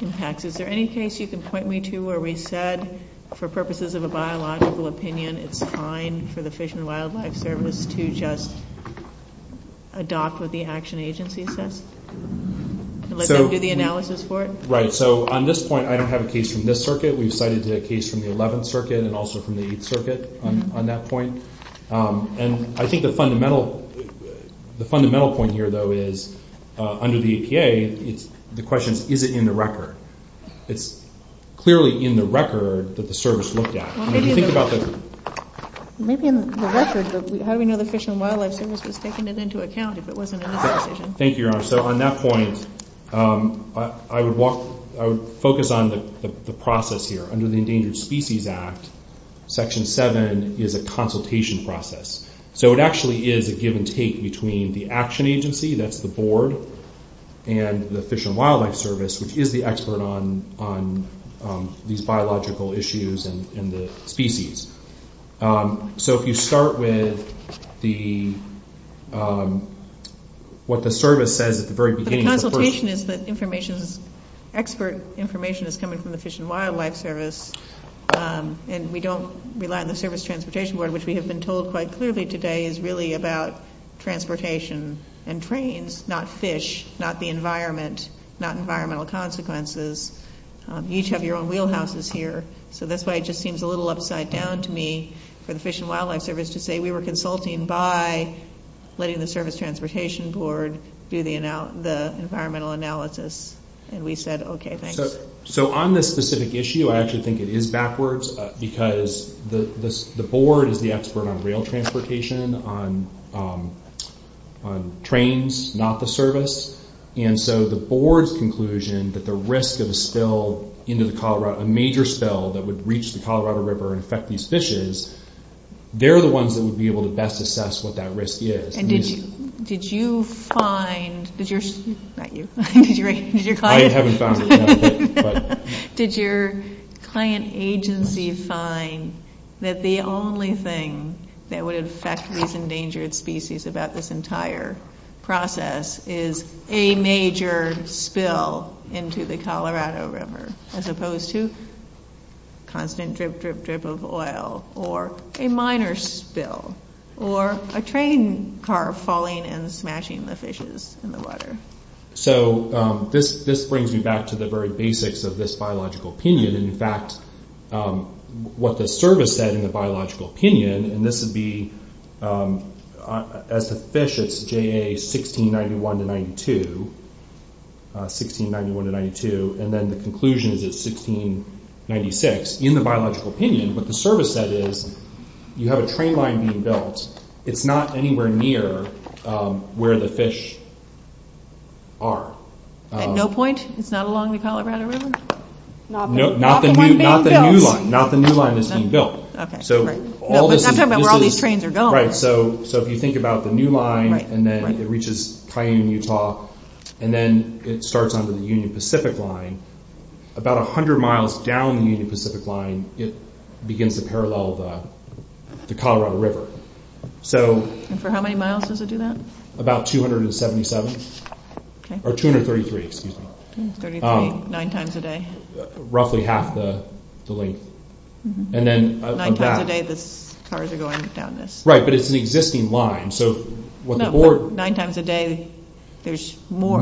impacts. Is there any case you can point me to where we said, for purposes of a biological opinion, it's fine for the Fish and Wildlife Service to just adopt what the action agency says? Let them do the analysis for it? Right, so on this point, I don't have a case from this circuit. We've cited a case from the 11th Circuit and also from the 8th Circuit on that point. And I think the fundamental point here, though, is under the APA, the question is, is it in the record? It's clearly in the record that the service looked at. And if you think about the... Maybe in the record, but having the Fish and Wildlife Service is taking it into account if it wasn't in the presentation. Thank you, Your Honor. So on that point, I would focus on the process here. Under the Endangered Species Act, Section 7 is a consultation process. So it actually is a give-and-take between the action agency, that's the board, and the Fish and Wildlife Service, which is the expert on these biological issues and the species. So if you start with the... what the service says at the very beginning... The consultation is the information, expert information that's coming from the Fish and Wildlife Service, and we don't rely on the Service Transportation Board, which we have been told quite clearly today is really about transportation and trains, not fish, not the environment, not environmental consequences. You each have your own wheelhouses here. So that's why it just seems a little upside down to me for the Fish and Wildlife Service to say we were consulting by letting the Service Transportation Board do the environmental analysis. And we said, okay, thanks. So on this specific issue, I actually think it is backwards because the board is the expert on rail transportation, on trains, not the service. And so the board's conclusion that the risk of a spill into Colorado, a major spill that would reach the Colorado River and affect these fishes, they're the ones that would be able to best assess what that risk is. And did you find... Not you. I haven't found it yet. Did your client agency find that the only thing that would affect recent endangered species about this entire process is a major spill into the Colorado River as opposed to constant drip, drip, drip of oil or a minor spill or a train car falling and smashing the fishes in the water? So this brings me back to the very basics of this biological opinion. In fact, what the service said in the biological opinion, and this would be as a fish, it's JA 1691-92, 1691-92, and then the conclusion is 1696. In the biological opinion, what the service said is you have a train line being built. It's not anywhere near where the fish are. At no point? It's not along the Colorado River? Not the new line. Not the new line that's being built. So all this... It's not talking about where all these trains are going. Right. So if you think about the new line and then it reaches tiny Utah and then it starts under the Union Pacific line, about 100 miles down the Union Pacific line, it begins to parallel the Colorado River. And for how many miles does it do that? About 277. Or 233, excuse me. 9 times a day. Roughly half the length. 9 times a day, but cars are going down this. Right, but it's the existing line. No, but 9 times a day, there's more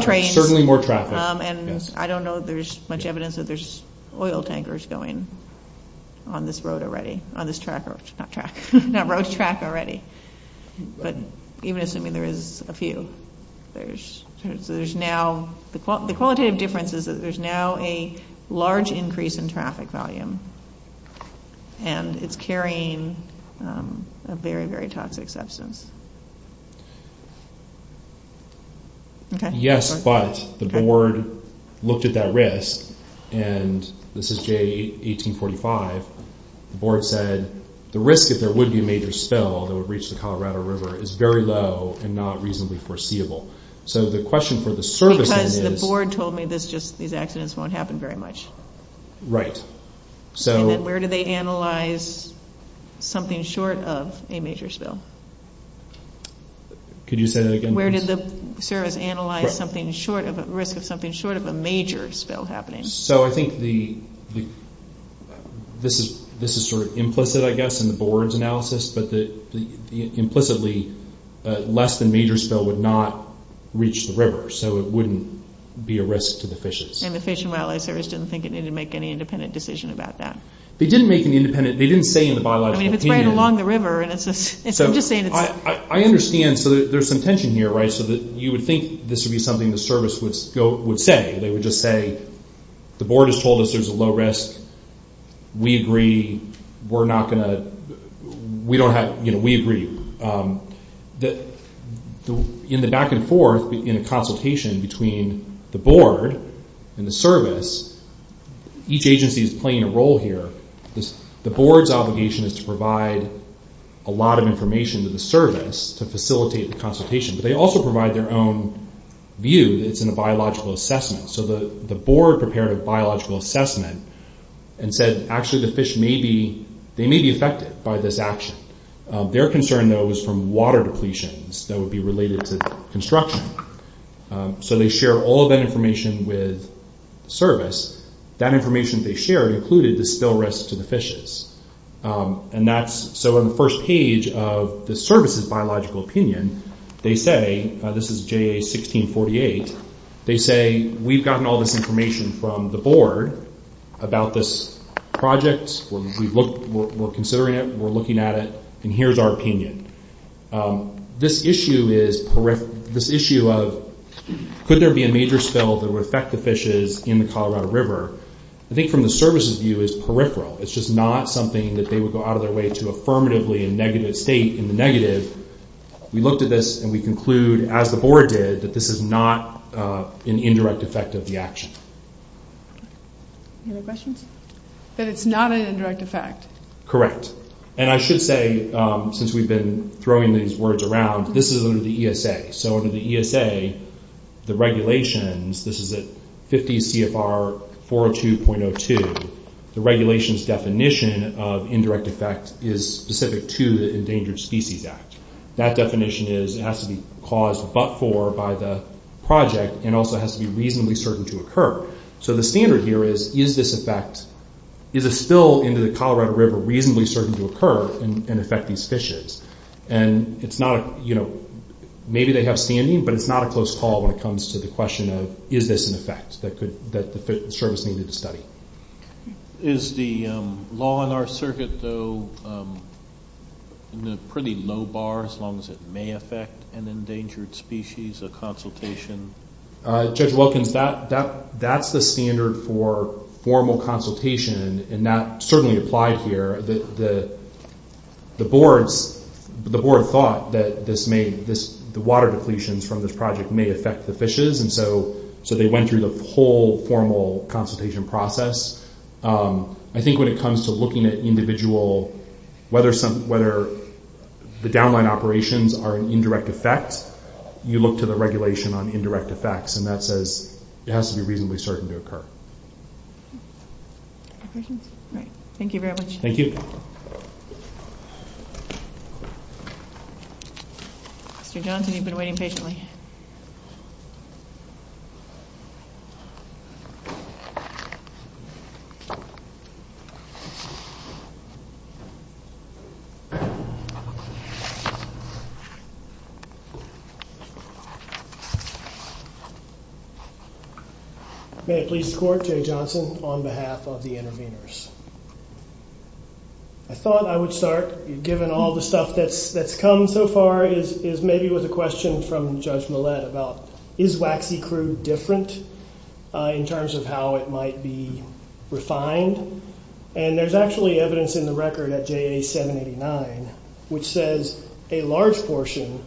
trains. Certainly more traffic. And I don't know if there's much evidence that there's oil tankers going on this road already, on this track, not track, that road's track already. But even assuming there is a few. So there's now, the qualitative difference is that there's now a large increase in traffic volume. And it's carrying a very, very toxic substance. Yes, but the board looked at that risk and this is J1845. The board said, the risk if there would be a major spill that would reach the Colorado River is very low and not reasonably foreseeable. So the question for the service is. Because the board told me these accidents won't happen very much. Right, so. And then where do they analyze something short of a major spill? Could you say that again, please? Where does the service analyze something short of, short of a major spill happening? So I think the, this is sort of implicit, I guess, in the board's analysis. But implicitly, less than major spill would not reach the river. So it wouldn't be a risk to the fishers. And the Fish and Wildlife Service didn't think it needed to make any independent decision about that. They didn't make an independent, they didn't say in the bylaws. It's right along the river. So I understand, so there's some tension here, right? So that you would think this would be something the service would say. They would just say, the board has told us there's a low risk. We agree. We're not gonna, we don't have, you know, we agree. In the back and forth, in the consultation between the board and the service, each agency is playing a role here. The board's obligation is to provide a lot of information to the service to facilitate the consultation. But they also provide their own view that it's in a biological assessment. So the board prepared a biological assessment and said actually the fish may be, they may be affected by this action. Their concern though is from water depletions that would be related to construction. So they share all that information with service. That information they share included the spill risk to the fishers. And that's, so in the first page of the service's biological opinion, they say, this is JA 1648, they say we've gotten all this information from the board about this project. We're considering it. We're looking at it. And here's our opinion. This issue is, this issue of could there be a major spill that would affect the fishes in the Colorado River, I think from the service's view is peripheral. It's just not something that they would go out of their way to affirmatively a negative state in the negative. We looked at this and we conclude, as the board did, that this is not an indirect effect of the action. Any other questions? That it's not an indirect effect. Correct. And I should say, since we've been throwing these words around, this is under the ESA. So under the ESA, the regulations, this is at 50 CFR 402.02, the regulations definition of indirect effect is specific to the Endangered Species Act. That definition is, it has to be caused but for by the project and also has to be reasonably certain to occur. So the standard here is, is this effect, is a spill into the Colorado River reasonably certain to occur and affect these fishes? And it's not, maybe they have standing, but it's not a close call when it comes to the question of, is this an effect that the service needed to study? Is the law in our circuit, though, pretty low bar as long as it may affect an endangered species, a consultation? Judge Wilkins, that's the standard for formal consultation and that certainly applies here. The board thought that this may, the water depletions from this project may affect the fishes. So they went through the whole formal consultation process. I think when it comes to looking at individual, whether the downline operations are an indirect effect, you look to the regulation on indirect effects and that says it has to be reasonably certain to occur. Thank you very much. Thank you. Mr. Johnson, you've been waiting patiently. May I please record, on behalf of the interveners. I thought I would start, given all the stuff that's come so far, is maybe with a question from Judge Millett about, is waxy crude different in terms of how it might be refined? And there's actually evidence in the record at JA 789, which says a large portion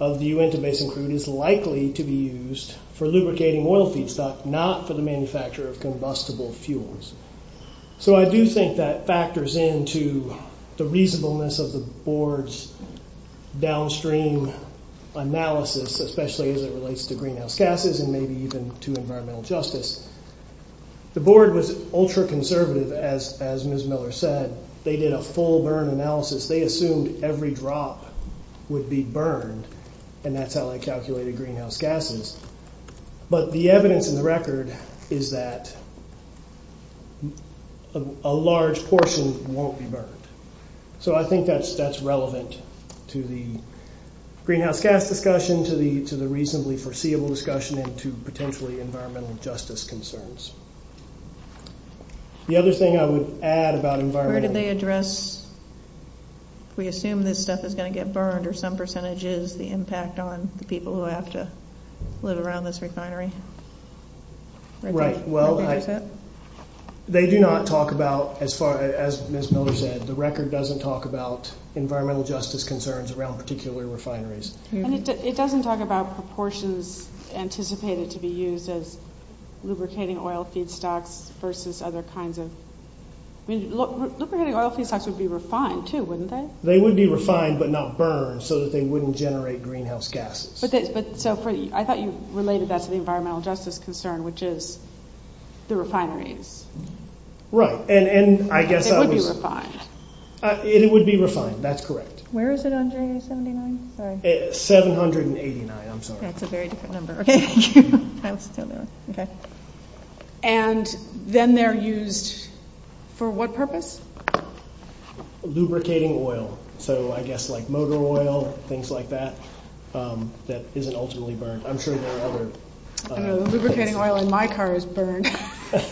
of the Uinta Basin crude is likely to be used for lubricating oil feedstock, not for the manufacture of combustible fuels. So I do think that factors into the reasonableness of the board's downstream analysis, especially as it relates to greenhouse gases and maybe even to environmental justice. The board was ultra conservative, as Ms. Miller said. They did a full burn analysis. They assumed every drop would be burned and that's how they calculated greenhouse gases. But the evidence in the record is that a large portion won't be burned. So I think that's relevant to the greenhouse gas discussion, to the reasonably foreseeable discussion, and to potentially environmental justice concerns. The other thing I would add about environmental... Where do they address... We assume that stuff is going to get burned, the impact on people who have to live around this refinery. Right. They do not talk about, as Ms. Miller said, the record doesn't talk about environmental justice concerns around particular refineries. It doesn't talk about proportions anticipated to be used as lubricating oil feedstocks versus other kinds of... Lubricating oil feedstocks would be refined too, wouldn't they? They would be refined but not burned so that they wouldn't generate greenhouse gases. I thought you related that to the environmental justice concern, which is the refineries. Right. It would be refined. It would be refined, that's correct. Where is it on J79? 789, I'm sorry. That's a very different number. And then they're used for what purpose? Lubricating oil. I guess like motor oil, things like that, that isn't ultimately burned. I'm sure there are other... Lubricating oil in my car is burned. But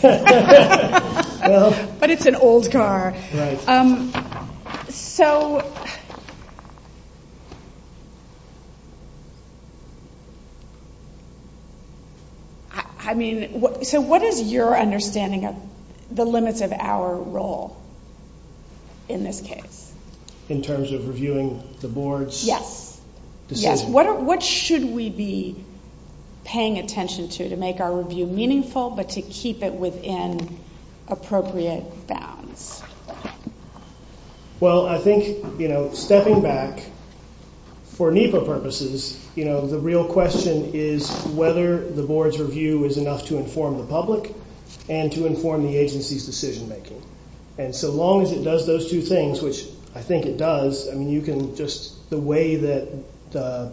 it's an old car. So... I mean, so what is your understanding of the limits of our role in this case? In terms of reviewing the boards? Yes, yes. What should we be paying attention to to make our review meaningful but to keep it within appropriate bounds? Well, I think, you know, stepping back for NEPA purposes, you know, the real question is whether the board's review is enough to inform the public and to inform the agency's decision-making. And so long as it does those two things, which I think it does, I mean, you can just... The way that the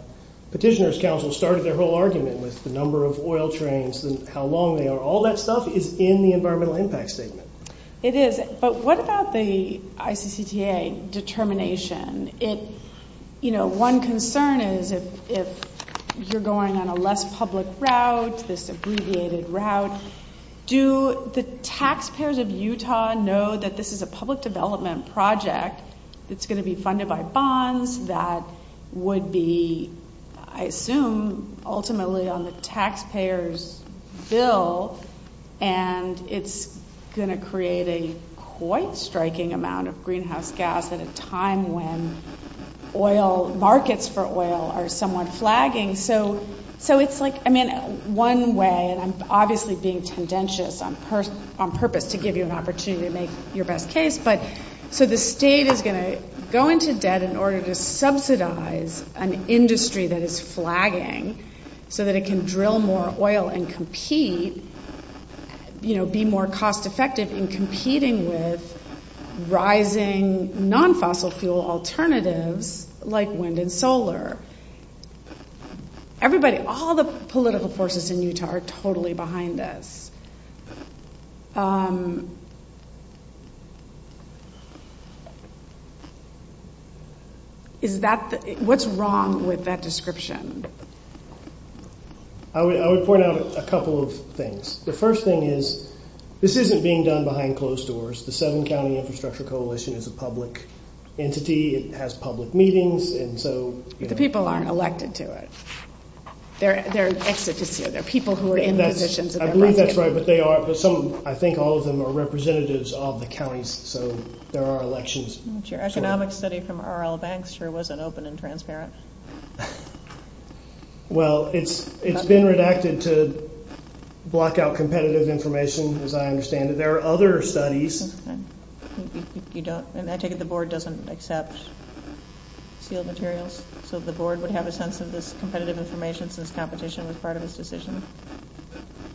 petitioner's council started their whole argument with the number of oil trains and how long they are, all that stuff is in the environmental impact statement. It is. But what about the ICCTA determination? It... You know, one concern is if you're going on a less public route, this abbreviated route, do the taxpayers of Utah know that this is a public development project that's going to be funded by bonds, that would be, I assume, ultimately on the taxpayer's bill, and it's going to create a quite striking amount of greenhouse gas at a time when oil... Markets for oil are somewhat flagging. So it's like... I mean, one way, and I'm obviously being tendentious on purpose to give you an opportunity to make your best case, but so the state is going to go into debt in order to subsidize an industry that is flagging so that it can drill more oil and compete, you know, be more cost-effective in competing with rising non-fossil fuel alternatives like wind and solar. Everybody... All the political forces in Utah are totally behind this. Is that... What's wrong with that description? I would point out a couple of things. The first thing is this isn't being done behind closed doors. The Southern County Infrastructure Coalition is a public entity. It has public meetings, and so... But the people aren't elected to it. There are extra positions. There are people who are in positions... I believe that's right, but they are, but some of them, I think all of them are representatives of the counties, so there are elections. Your economic study from R.L. Banks I'm sure wasn't open and transparent. Well, it's been redacted to block out competitive information, as I understand it. There are other studies... You don't... And I take it the board doesn't accept sealed materials, so the board would have a sense of this competitive information since competition was part of his decision.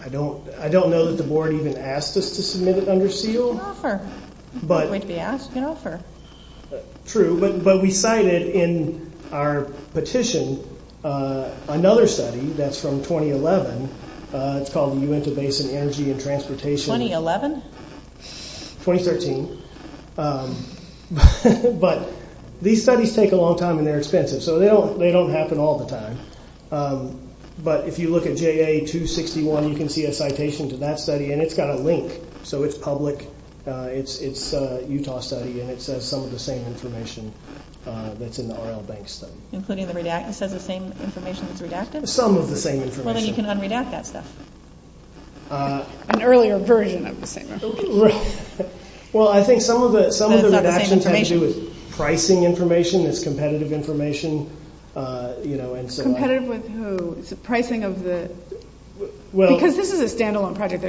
I don't know that the board even asked us to submit it under seal. It's an offer. But... If they ask, it's an offer. True, but we cited in our petition another study that's from 2011. It's called Uinta Basin Energy and Transportation... 2013. But these studies take a long time and they're expensive, so they don't happen all the time. But if you look at JA-261, you can see a citation to that study, and it's got a link, so it's public. It's a Utah study, and it says some of the same information that's in the Arnold Bank study. Including the redacted... It says the same information as redacted? Some of the same information. Well, then you can un-redact that stuff. An earlier version of the same... Right. Well, I think some of the... Some of the redactions have to do with pricing information, this competitive information, you know, and so on. Competitive with who? It's the pricing of the... Because this is a stand-alone project.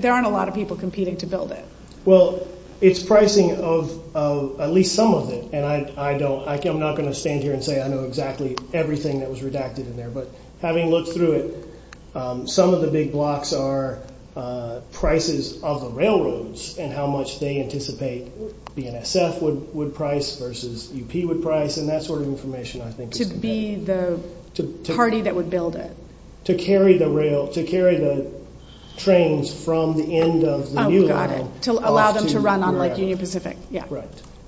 There aren't a lot of people competing to build it. Well, it's pricing of at least some of it, and I don't... I'm not going to stand here and say I know exactly everything that was redacted in there, but having looked through it, some of the big blocks are prices of the railroads and how much they anticipate BNSF would price versus UP would price, and that sort of information, I think, is important. To be the party that would build it. To carry the rail... To carry the trains from the end of the new rail. Got it. To allow them to run on the Union Pacific.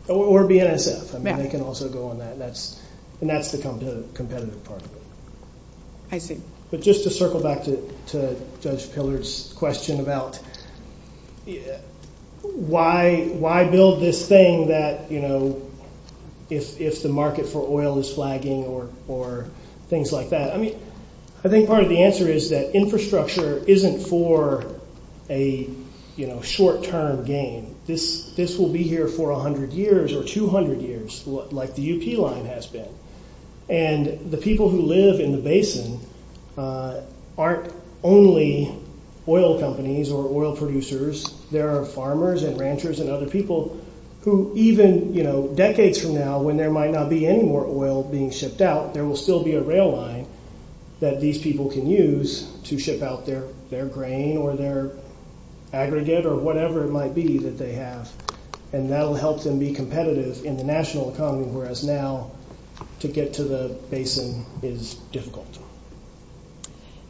Or BNSF. They can also go on that. And that's the competitive part of it. I see. But just to circle back to Judge Pillard's question about why build this thing that, you know, if the market for oil is flagging or things like that, I mean, I think part of the answer is that infrastructure isn't for a short-term gain. This will be here for 100 years or 200 years, like the UP line has been. And the people who live in the basin aren't only oil companies or oil producers. There are farmers and ranchers and other people who even decades from now when there might not be any more oil being shipped out, there will still be a rail line that these people can use to ship out their grain or their aggregate or whatever it might be that they have. And that will help them be competitive in the national economy whereas now to get to the basin is difficult.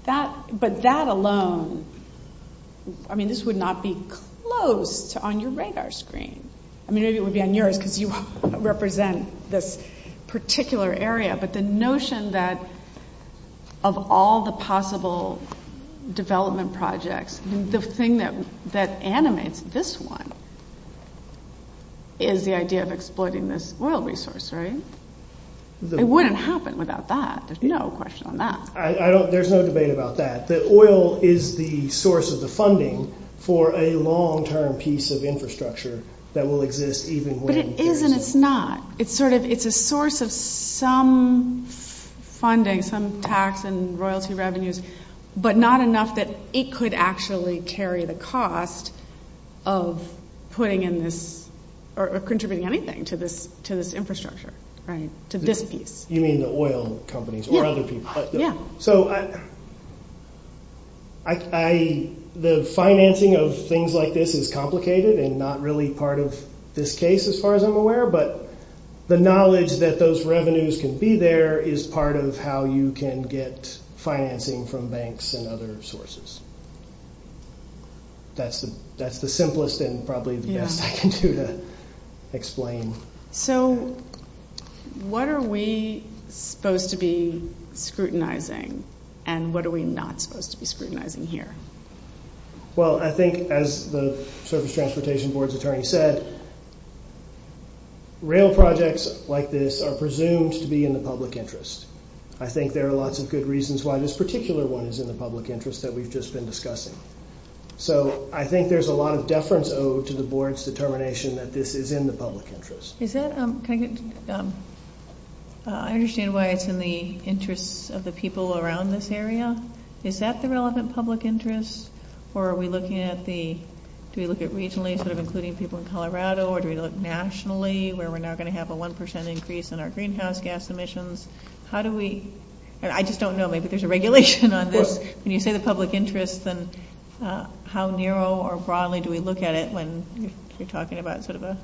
But that alone, I mean, this would not be closed on your radar screen. I mean, maybe it would be on yours because you represent this particular area. But the notion that of all the possible development projects, the thing that animates this one is the idea of exploiting this oil resource, right? It wouldn't happen without that. There's no question on that. There's no debate about that. The oil is the source of the funding for a long-term piece of infrastructure that will exist even when... But it is and it's not. It's a source of some funding, some tax and royalty revenues but not enough that it could actually carry the cost of putting in this or contributing anything to this infrastructure, right? To this piece. You mean the oil companies or other people? Yeah. So I... The financing of things like this is complicated and not really part of this case as far as I'm aware but the knowledge that those revenues can be there is part of how you can get financing from banks and other sources. That's the simplest and probably the best I can do to explain. So what are we supposed to be scrutinizing and what are we not supposed to be scrutinizing here? Well, I think as the Surface Transportation Board's attorney said, real projects like this are presumed to be in the public interest. I think there are lots of good reasons why this particular one is in the public interest that we've just been discussing. So I think there's a lot of deference owed to the Board's determination that this is in the public interest. Is that... I understand why it's in the interests of the people around this area. Is that the relevant public interest or are we looking at the... Do we look at regionally instead of including people in Colorado or do we look nationally where we're now going to have a 1% increase in our greenhouse gas emissions? How do we... I just don't know maybe there's a regulation on this. When you say the public interest and how narrow or broadly do we look at it when you're talking about sort of a...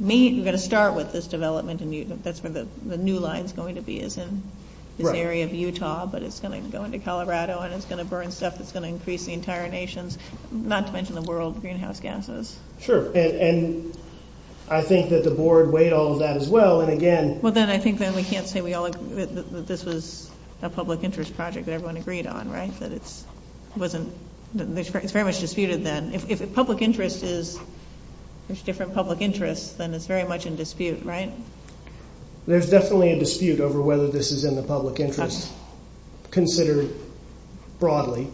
We're going to start with this development and that's where the new line is going to be is in this area of Utah, but it's going to go into Colorado and it's going to burn stuff that's going to increase the entire nation, not to mention the world greenhouse gases. Sure, and I think that the Board overweighed all of that as well and again... Well, then I think we can't say this is a public interest project that everyone agreed on, right? That it's very much disputed then. If public interest is... There's different public interests then it's very much in dispute, right? There's definitely a dispute over whether this is in the public interest considered broadly,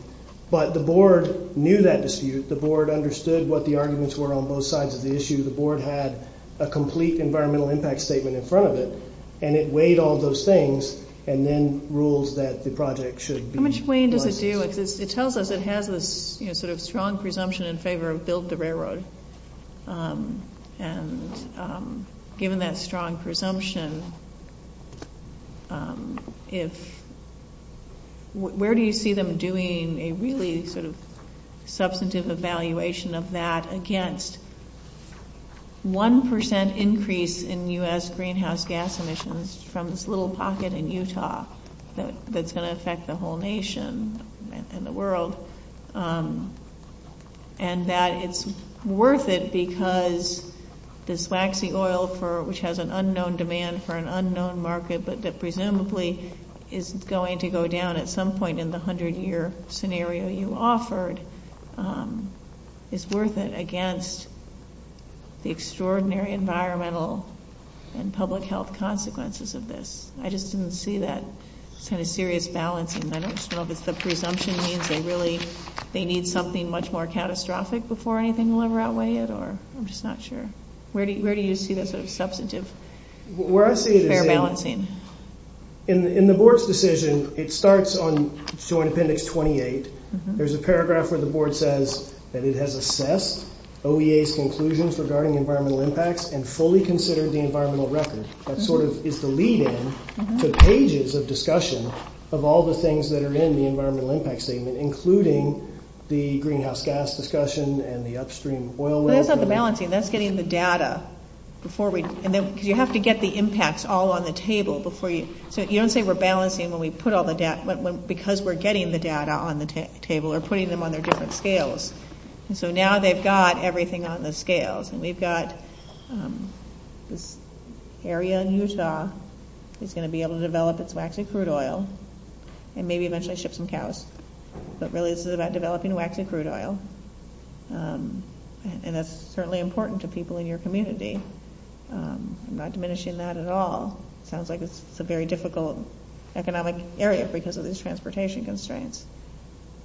but the Board knew that dispute. The Board understood what the arguments were on both sides of the issue. The Board had a complete environmental impact statement in front of it and it weighed all those things and then rules that the project should be... How much weight does it do? It tells us it has a sort of strong presumption in favor of build the railroad and given that strong presumption, if... Where do you see them doing a really sort of substantive evaluation of that against one percent increase in U.S. greenhouse gas emissions from this little pocket in Utah that's going to affect the whole nation and the world and that it's worth it because this waxy oil which has an unknown demand for an unknown market that presumably is going to go down at some point in the hundred year scenario you offered is worth it against the extraordinary environmental and public health consequences of this. I just didn't see that kind of serious balancing. I don't know if it's the presumption means they really... They need something much more catastrophic before anything will ever outweigh it or I'm just not sure. Where do you see this sort of substantive fair balancing? In the Board's decision, it starts on Joint Appendix 28. There's a paragraph where the Board says that it has assessed OEA's conclusions regarding environmental impacts and fully considered the environmental record. That sort of is the lead-in to pages of discussion of all the things that are in the environmental impact statement including the greenhouse gas discussion and the upstream oil... That's not the balancing. That's getting the data before we... You have to get the impacts all on the table before you... You don't say we're balancing when we put all the data because we're getting the data on the table or putting them on their different scales. So now they've got everything on the scales and we've got this area in Utah that's going to be able to develop its waxed crude oil and maybe eventually ship some cows but really this is about developing waxed crude oil and it's certainly important to people in your community. I'm not diminishing that at all. It sounds like it's a very difficult economic area because of these transportation constraints.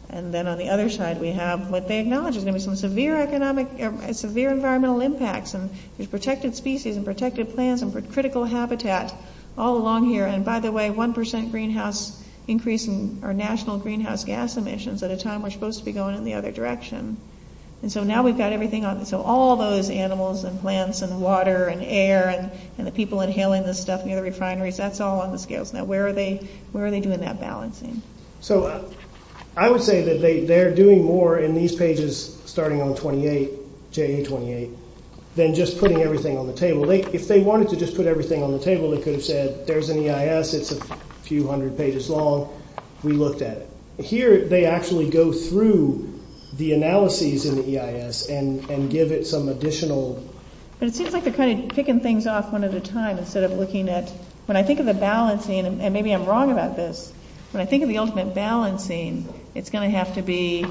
And then on the other side we have what they acknowledge is going to be some severe economic... Severe environmental impacts and these protected species and protected plants and critical habitat all along here and by the way 1% greenhouse increase in our national greenhouse gas emissions at a time we're supposed to be going in the other direction. And so now we've got everything on... So all those animals and plants and water and air and the people inhaling this stuff in the refineries that's all on the scales. Now where are they doing that balancing? So I would say that they're doing more in these pages starting on 28, JA 28, than just putting everything on the table. If they wanted to just put everything on the table they could have said there's an EIS it's a few hundred pages long. We looked at it. Here they actually go through the analyses in the EIS and give it some additional... It seems like they're kind of ticking things off one at a time instead of looking at... When I think of the balancing and maybe I'm wrong about this but I think of the ultimate balancing it's going to have to be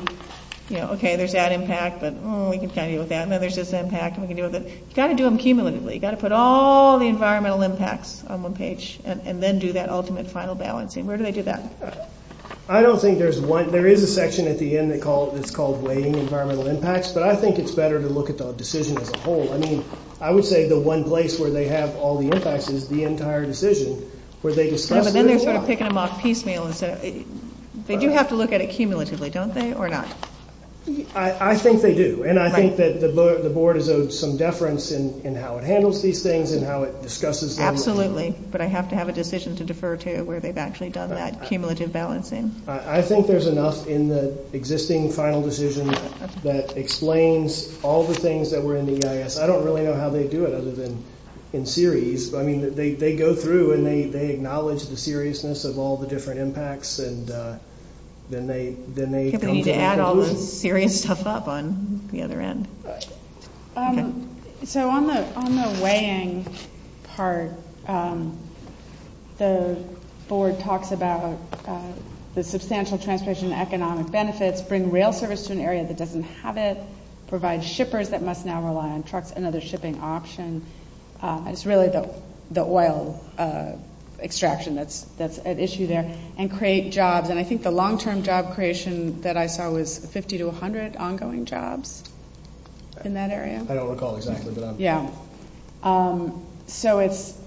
okay there's that impact but we can tell you okay I know there's this impact but you've got to do them cumulatively. You've got to put all the environmental impacts on one page and then do that ultimate final balancing. Where do I do that? I don't think there's one... There is a section at the end that's called weighting environmental impacts but I think it's better to look at the decision as a whole. I mean I would say the one place where they have all the impacts is the entire decision where they discuss... But then they start picking them off piecemeal instead of... They do have to look at it cumulatively don't they or not? I think they do and I think that the board is of some deference in how it handles these things and how it discusses them. Absolutely but I have to have a decision to defer to where they've actually done that cumulative balancing. I think there's enough in the existing final decision that explains all the things that were in the EIS. I don't really know how they do it other than in series. I mean they go through and they acknowledge the seriousness of all the different impacts and then they... You need to add all the serious stuff up on the other end. So on the weighing part the board talks about the substantial transition and economic benefits bring real service to an area that doesn't have it. Provide shippers that must now rely on trucks and other shipping options. It's really the oil extraction that's at issue there. And create jobs and I think the long term job creation that I saw was 50 to 100 ongoing jobs in that area. I don't recall exactly but I'm So it's...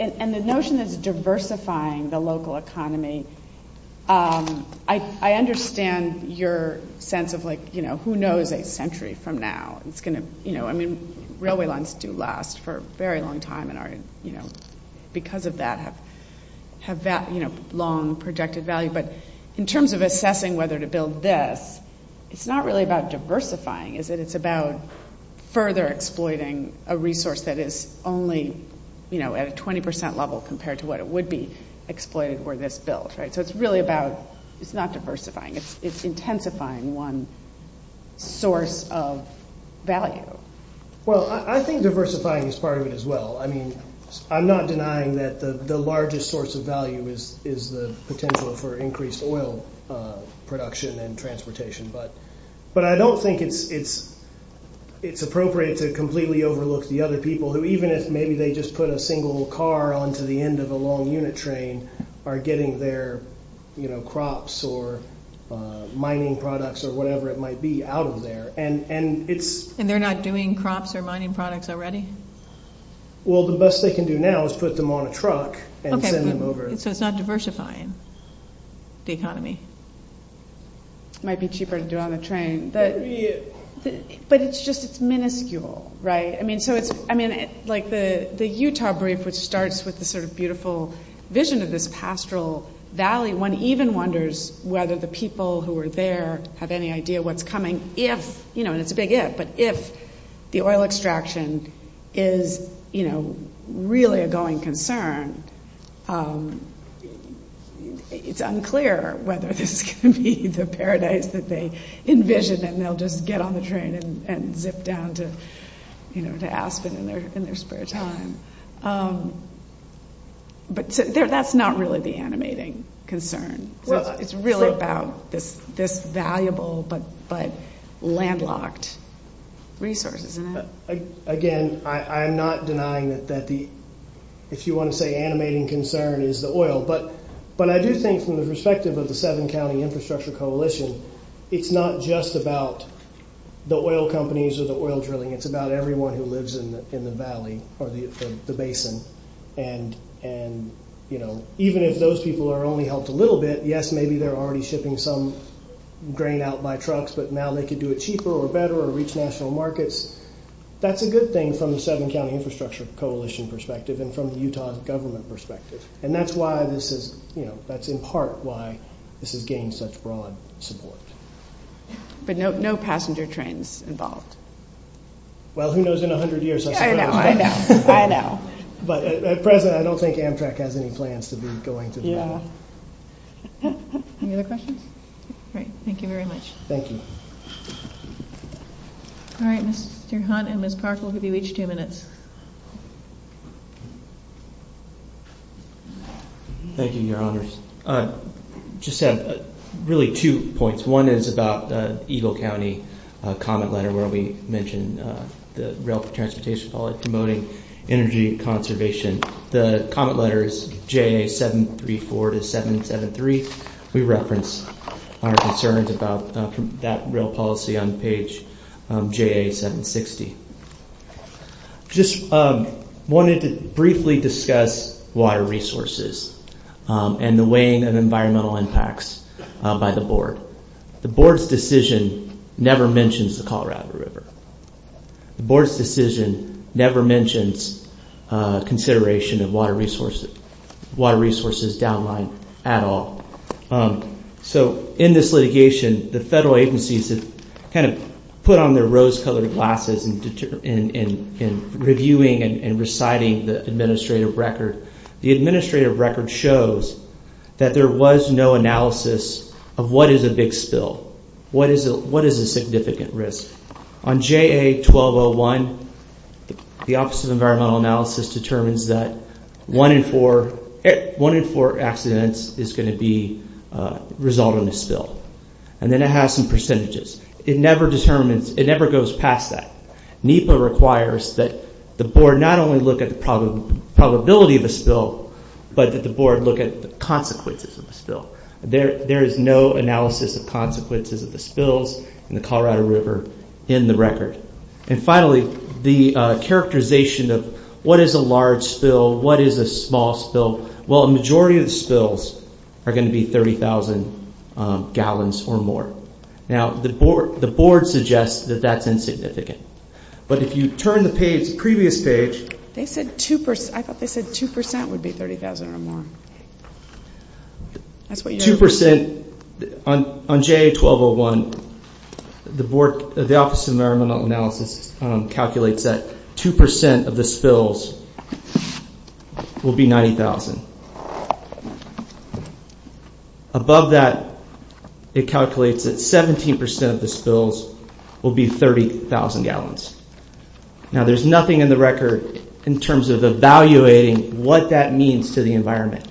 And the notion of diversifying the local economy I understand your sense of what it's going to Who knows a century from now. Railway lines do last for a very long time and because of that have that long projected value but in terms of assessing whether to build this it's not really about diversifying it's about further exploiting a resource that is only at a 20% level compared to what it would be exploited for this bill. So it's really about not diversifying it's intensifying one source of value. Well I think diversifying is part of it as well. I mean I'm not denying that the largest source of value is the potential for increased oil production and transportation but I don't think it's appropriate to completely overlook the other people who even if maybe they just put a single car onto the end of a long unit train are getting their crops or mining products or whatever it might be out of there. And they're not doing crops or mining products already? Well the best they can do now is put them on a truck and send them over. So it's not diversifying the economy. Might be cheaper to do on a But it's just miniscule right? I mean like the Utah brief which starts with the sort of beautiful vision of this pastoral valley. One even wonders whether the people who are there have any idea what's coming if the oil extraction is you know really a going concern it's unclear whether this can be the paradise that they envision and they'll just get on the train and zip down to you know in their spare time. But that's not really the concern. It's really about this valuable but landlocked resources. Again I'm not denying that the if you want to say animating concern is the oil. But I do think from the perspective of the seven county infrastructure coalition it's not just about the oil companies or the oil drilling it's about everyone who lives in the valley or the basin. And you know even if those people are only helped a little bit yes maybe they're already shipping some grain out by trucks but now they can do it cheaper or better or reach national markets that's a good thing from the seven county infrastructure coalition perspective and from the Utah government perspective. And that's in part why this is getting such broad support. But no passenger trains involved. Well who knows in 100 years. I know. But at present I don't think Amtrak has any plans to be going to Utah. Any other questions? Thank you very much. Thank you. All right Mr. Hunt I'm going to give you two minutes. Thank you your honors. Just really two points. One is about Eagle County comment letter where we mentioned the rail transportation policy promoting energy conservation. The comment letter is J.A. 734 to 773. We reference our concerns about that rail policy on page J.A. 760. Just wanted to briefly discuss water resources. And the weighing of environmental impacts by the board. The board's decision never mentions the Colorado River. The board's decision never mentions consideration of water resources down line at all. So in this litigation the federal agencies kind of put on their rose colored glasses in reviewing and reciting the administrative record. The administrative record shows that there was no analysis of what is a big spill. What is a significant risk. On J.A. 1201, the office of environmental analysis determines that one in four accidents is going to be resolved in a spill. And then it has some analysis It never goes past that. It requires that the board not only look at the probability of a spill but the consequences. There is no analysis of the in the Colorado River in the record. And finally the characterization of what is a large spill, what is a small spill. The majority of the spills are going to be 30,000 gallons or more. The board suggests that that is insignificant. If you turn to the previous page, 2% would be 30,000 or more. 2% on J.A. 1201, the office of environmental analysis calculates that 2% of the spill will be 90,000. Above that, it calculates that 17% of the spills will be 30,000 gallons. Now, there is nothing in the record in terms of evaluating what that means to the environment.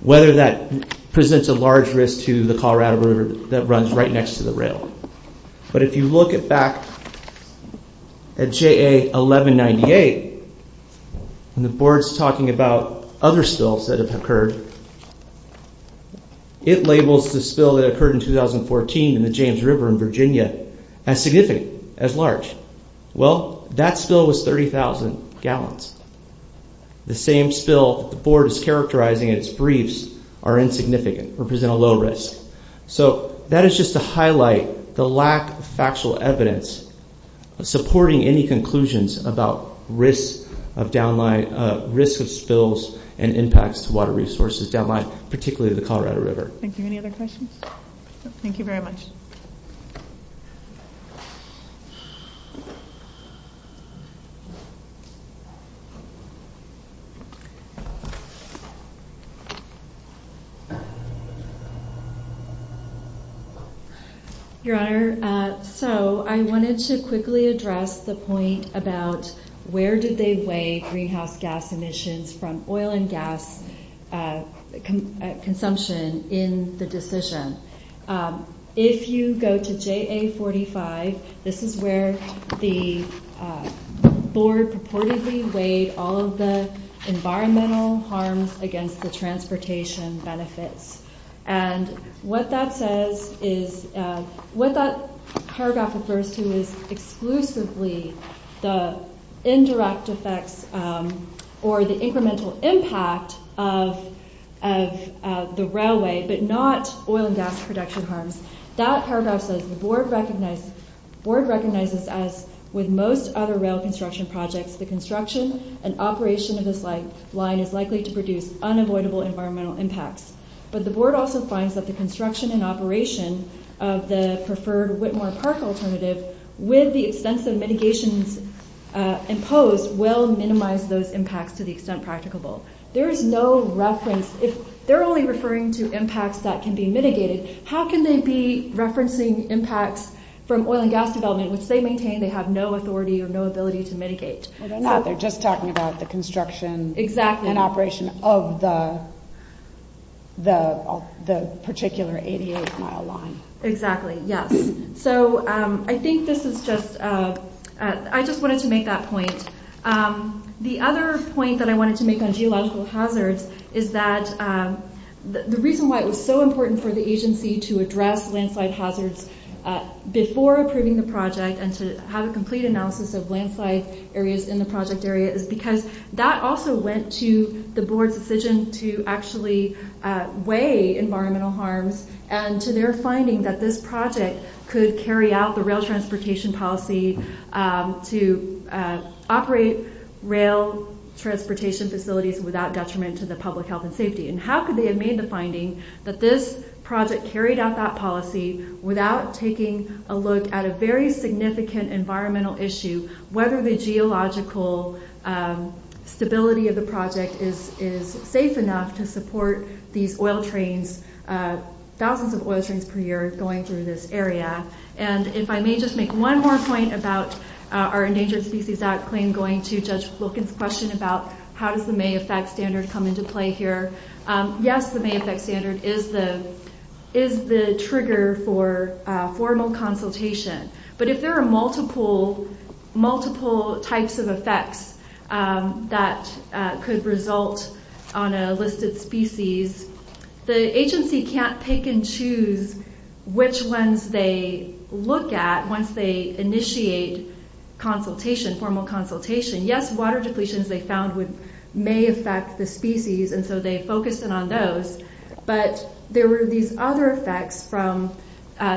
Whether that presents a large risk to the Colorado River that runs right next to the rail. But if you look back at J.A. 1198, when the board is talking about other spills that have occurred, it labels the spill that occurred in 2014 in the James River in Virginia as significant, as large. Well, that spill was 30,000 gallons. The same spill the board is characterizing are insignificant or present a low risk. That is just to lack factual evidence supporting any conclusions about risks of spills and impacts to water resources down the line, particularly the Colorado River. Thank you. Any other questions? Thank you very much. Your Honor, so I wanted to quickly address the point about where did they weigh greenhouse gas emissions from oil and gas consumption in the decision. If you go to JA45, this is where the board purportedly weighed all of the environmental harms against the transportation benefits. And what that says is, what that paragraph refers to is exclusively the indirect effect or the incremental impact of the railway, but not oil and gas production harms. That paragraph says the recognizes that with most other rail construction projects, the construction and operation of this line is likely to produce unavoidable environmental impacts. But the board also finds that the construction and operation of the preferred line is likely to produce unavoidable So JA45, this is where the board purportedly environmental harms against benefits. that paragraph says is that the board the reason why it was so important for the agency to address landslide hazards before approving the project and to have a complete analysis of landslide areas in the project area is because that also led to the board's decision to actually weigh environmental harms and to their finding that this project could carry out the rail transportation policy to operate rail transportation facilities without detriment to the public health and And how could they have made the finding that this project carried out that policy without taking a look at a very significant environmental issue, whether the geological stability of the project is safe enough to support the oil trains, thousands of oil trains per year going through this area. And if I may just make one more point about our endangered species act claim going to look at the question about how does the May effect standard come into play here. Yes, the May effect standard is the trigger for formal consultation. But if there are multiple types of effects that could result on a listed species, the agency can't take and choose which ones they look at once they initiate consultation, formal consultation. Yes, water depletions they found may affect the species and so they focused on those, but there were these other effects from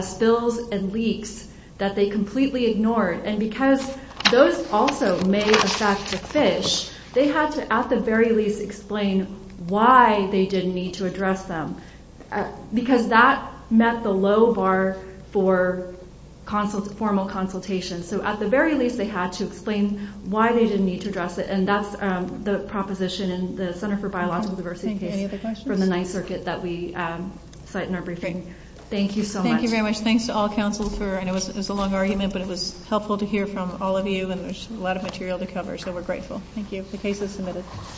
spills and leaks that they completely ignored. And because those also may affect the fish, they had to at the very least explain why they didn't need to address them. Because that met the low bar for formal consultation. So at the very least they had to explain why they didn't need to address it. And that's the proposition in the Center for Biological Diversity case from the 9th Circuit that we cite in our briefing. Thank you so much. Thank you very much. Thanks to all counsels for, I know it was a long argument, but it was helpful to hear from all of you and there's a lot of material to cover, so we're grateful. Thank you. The case is submitted. Thank you.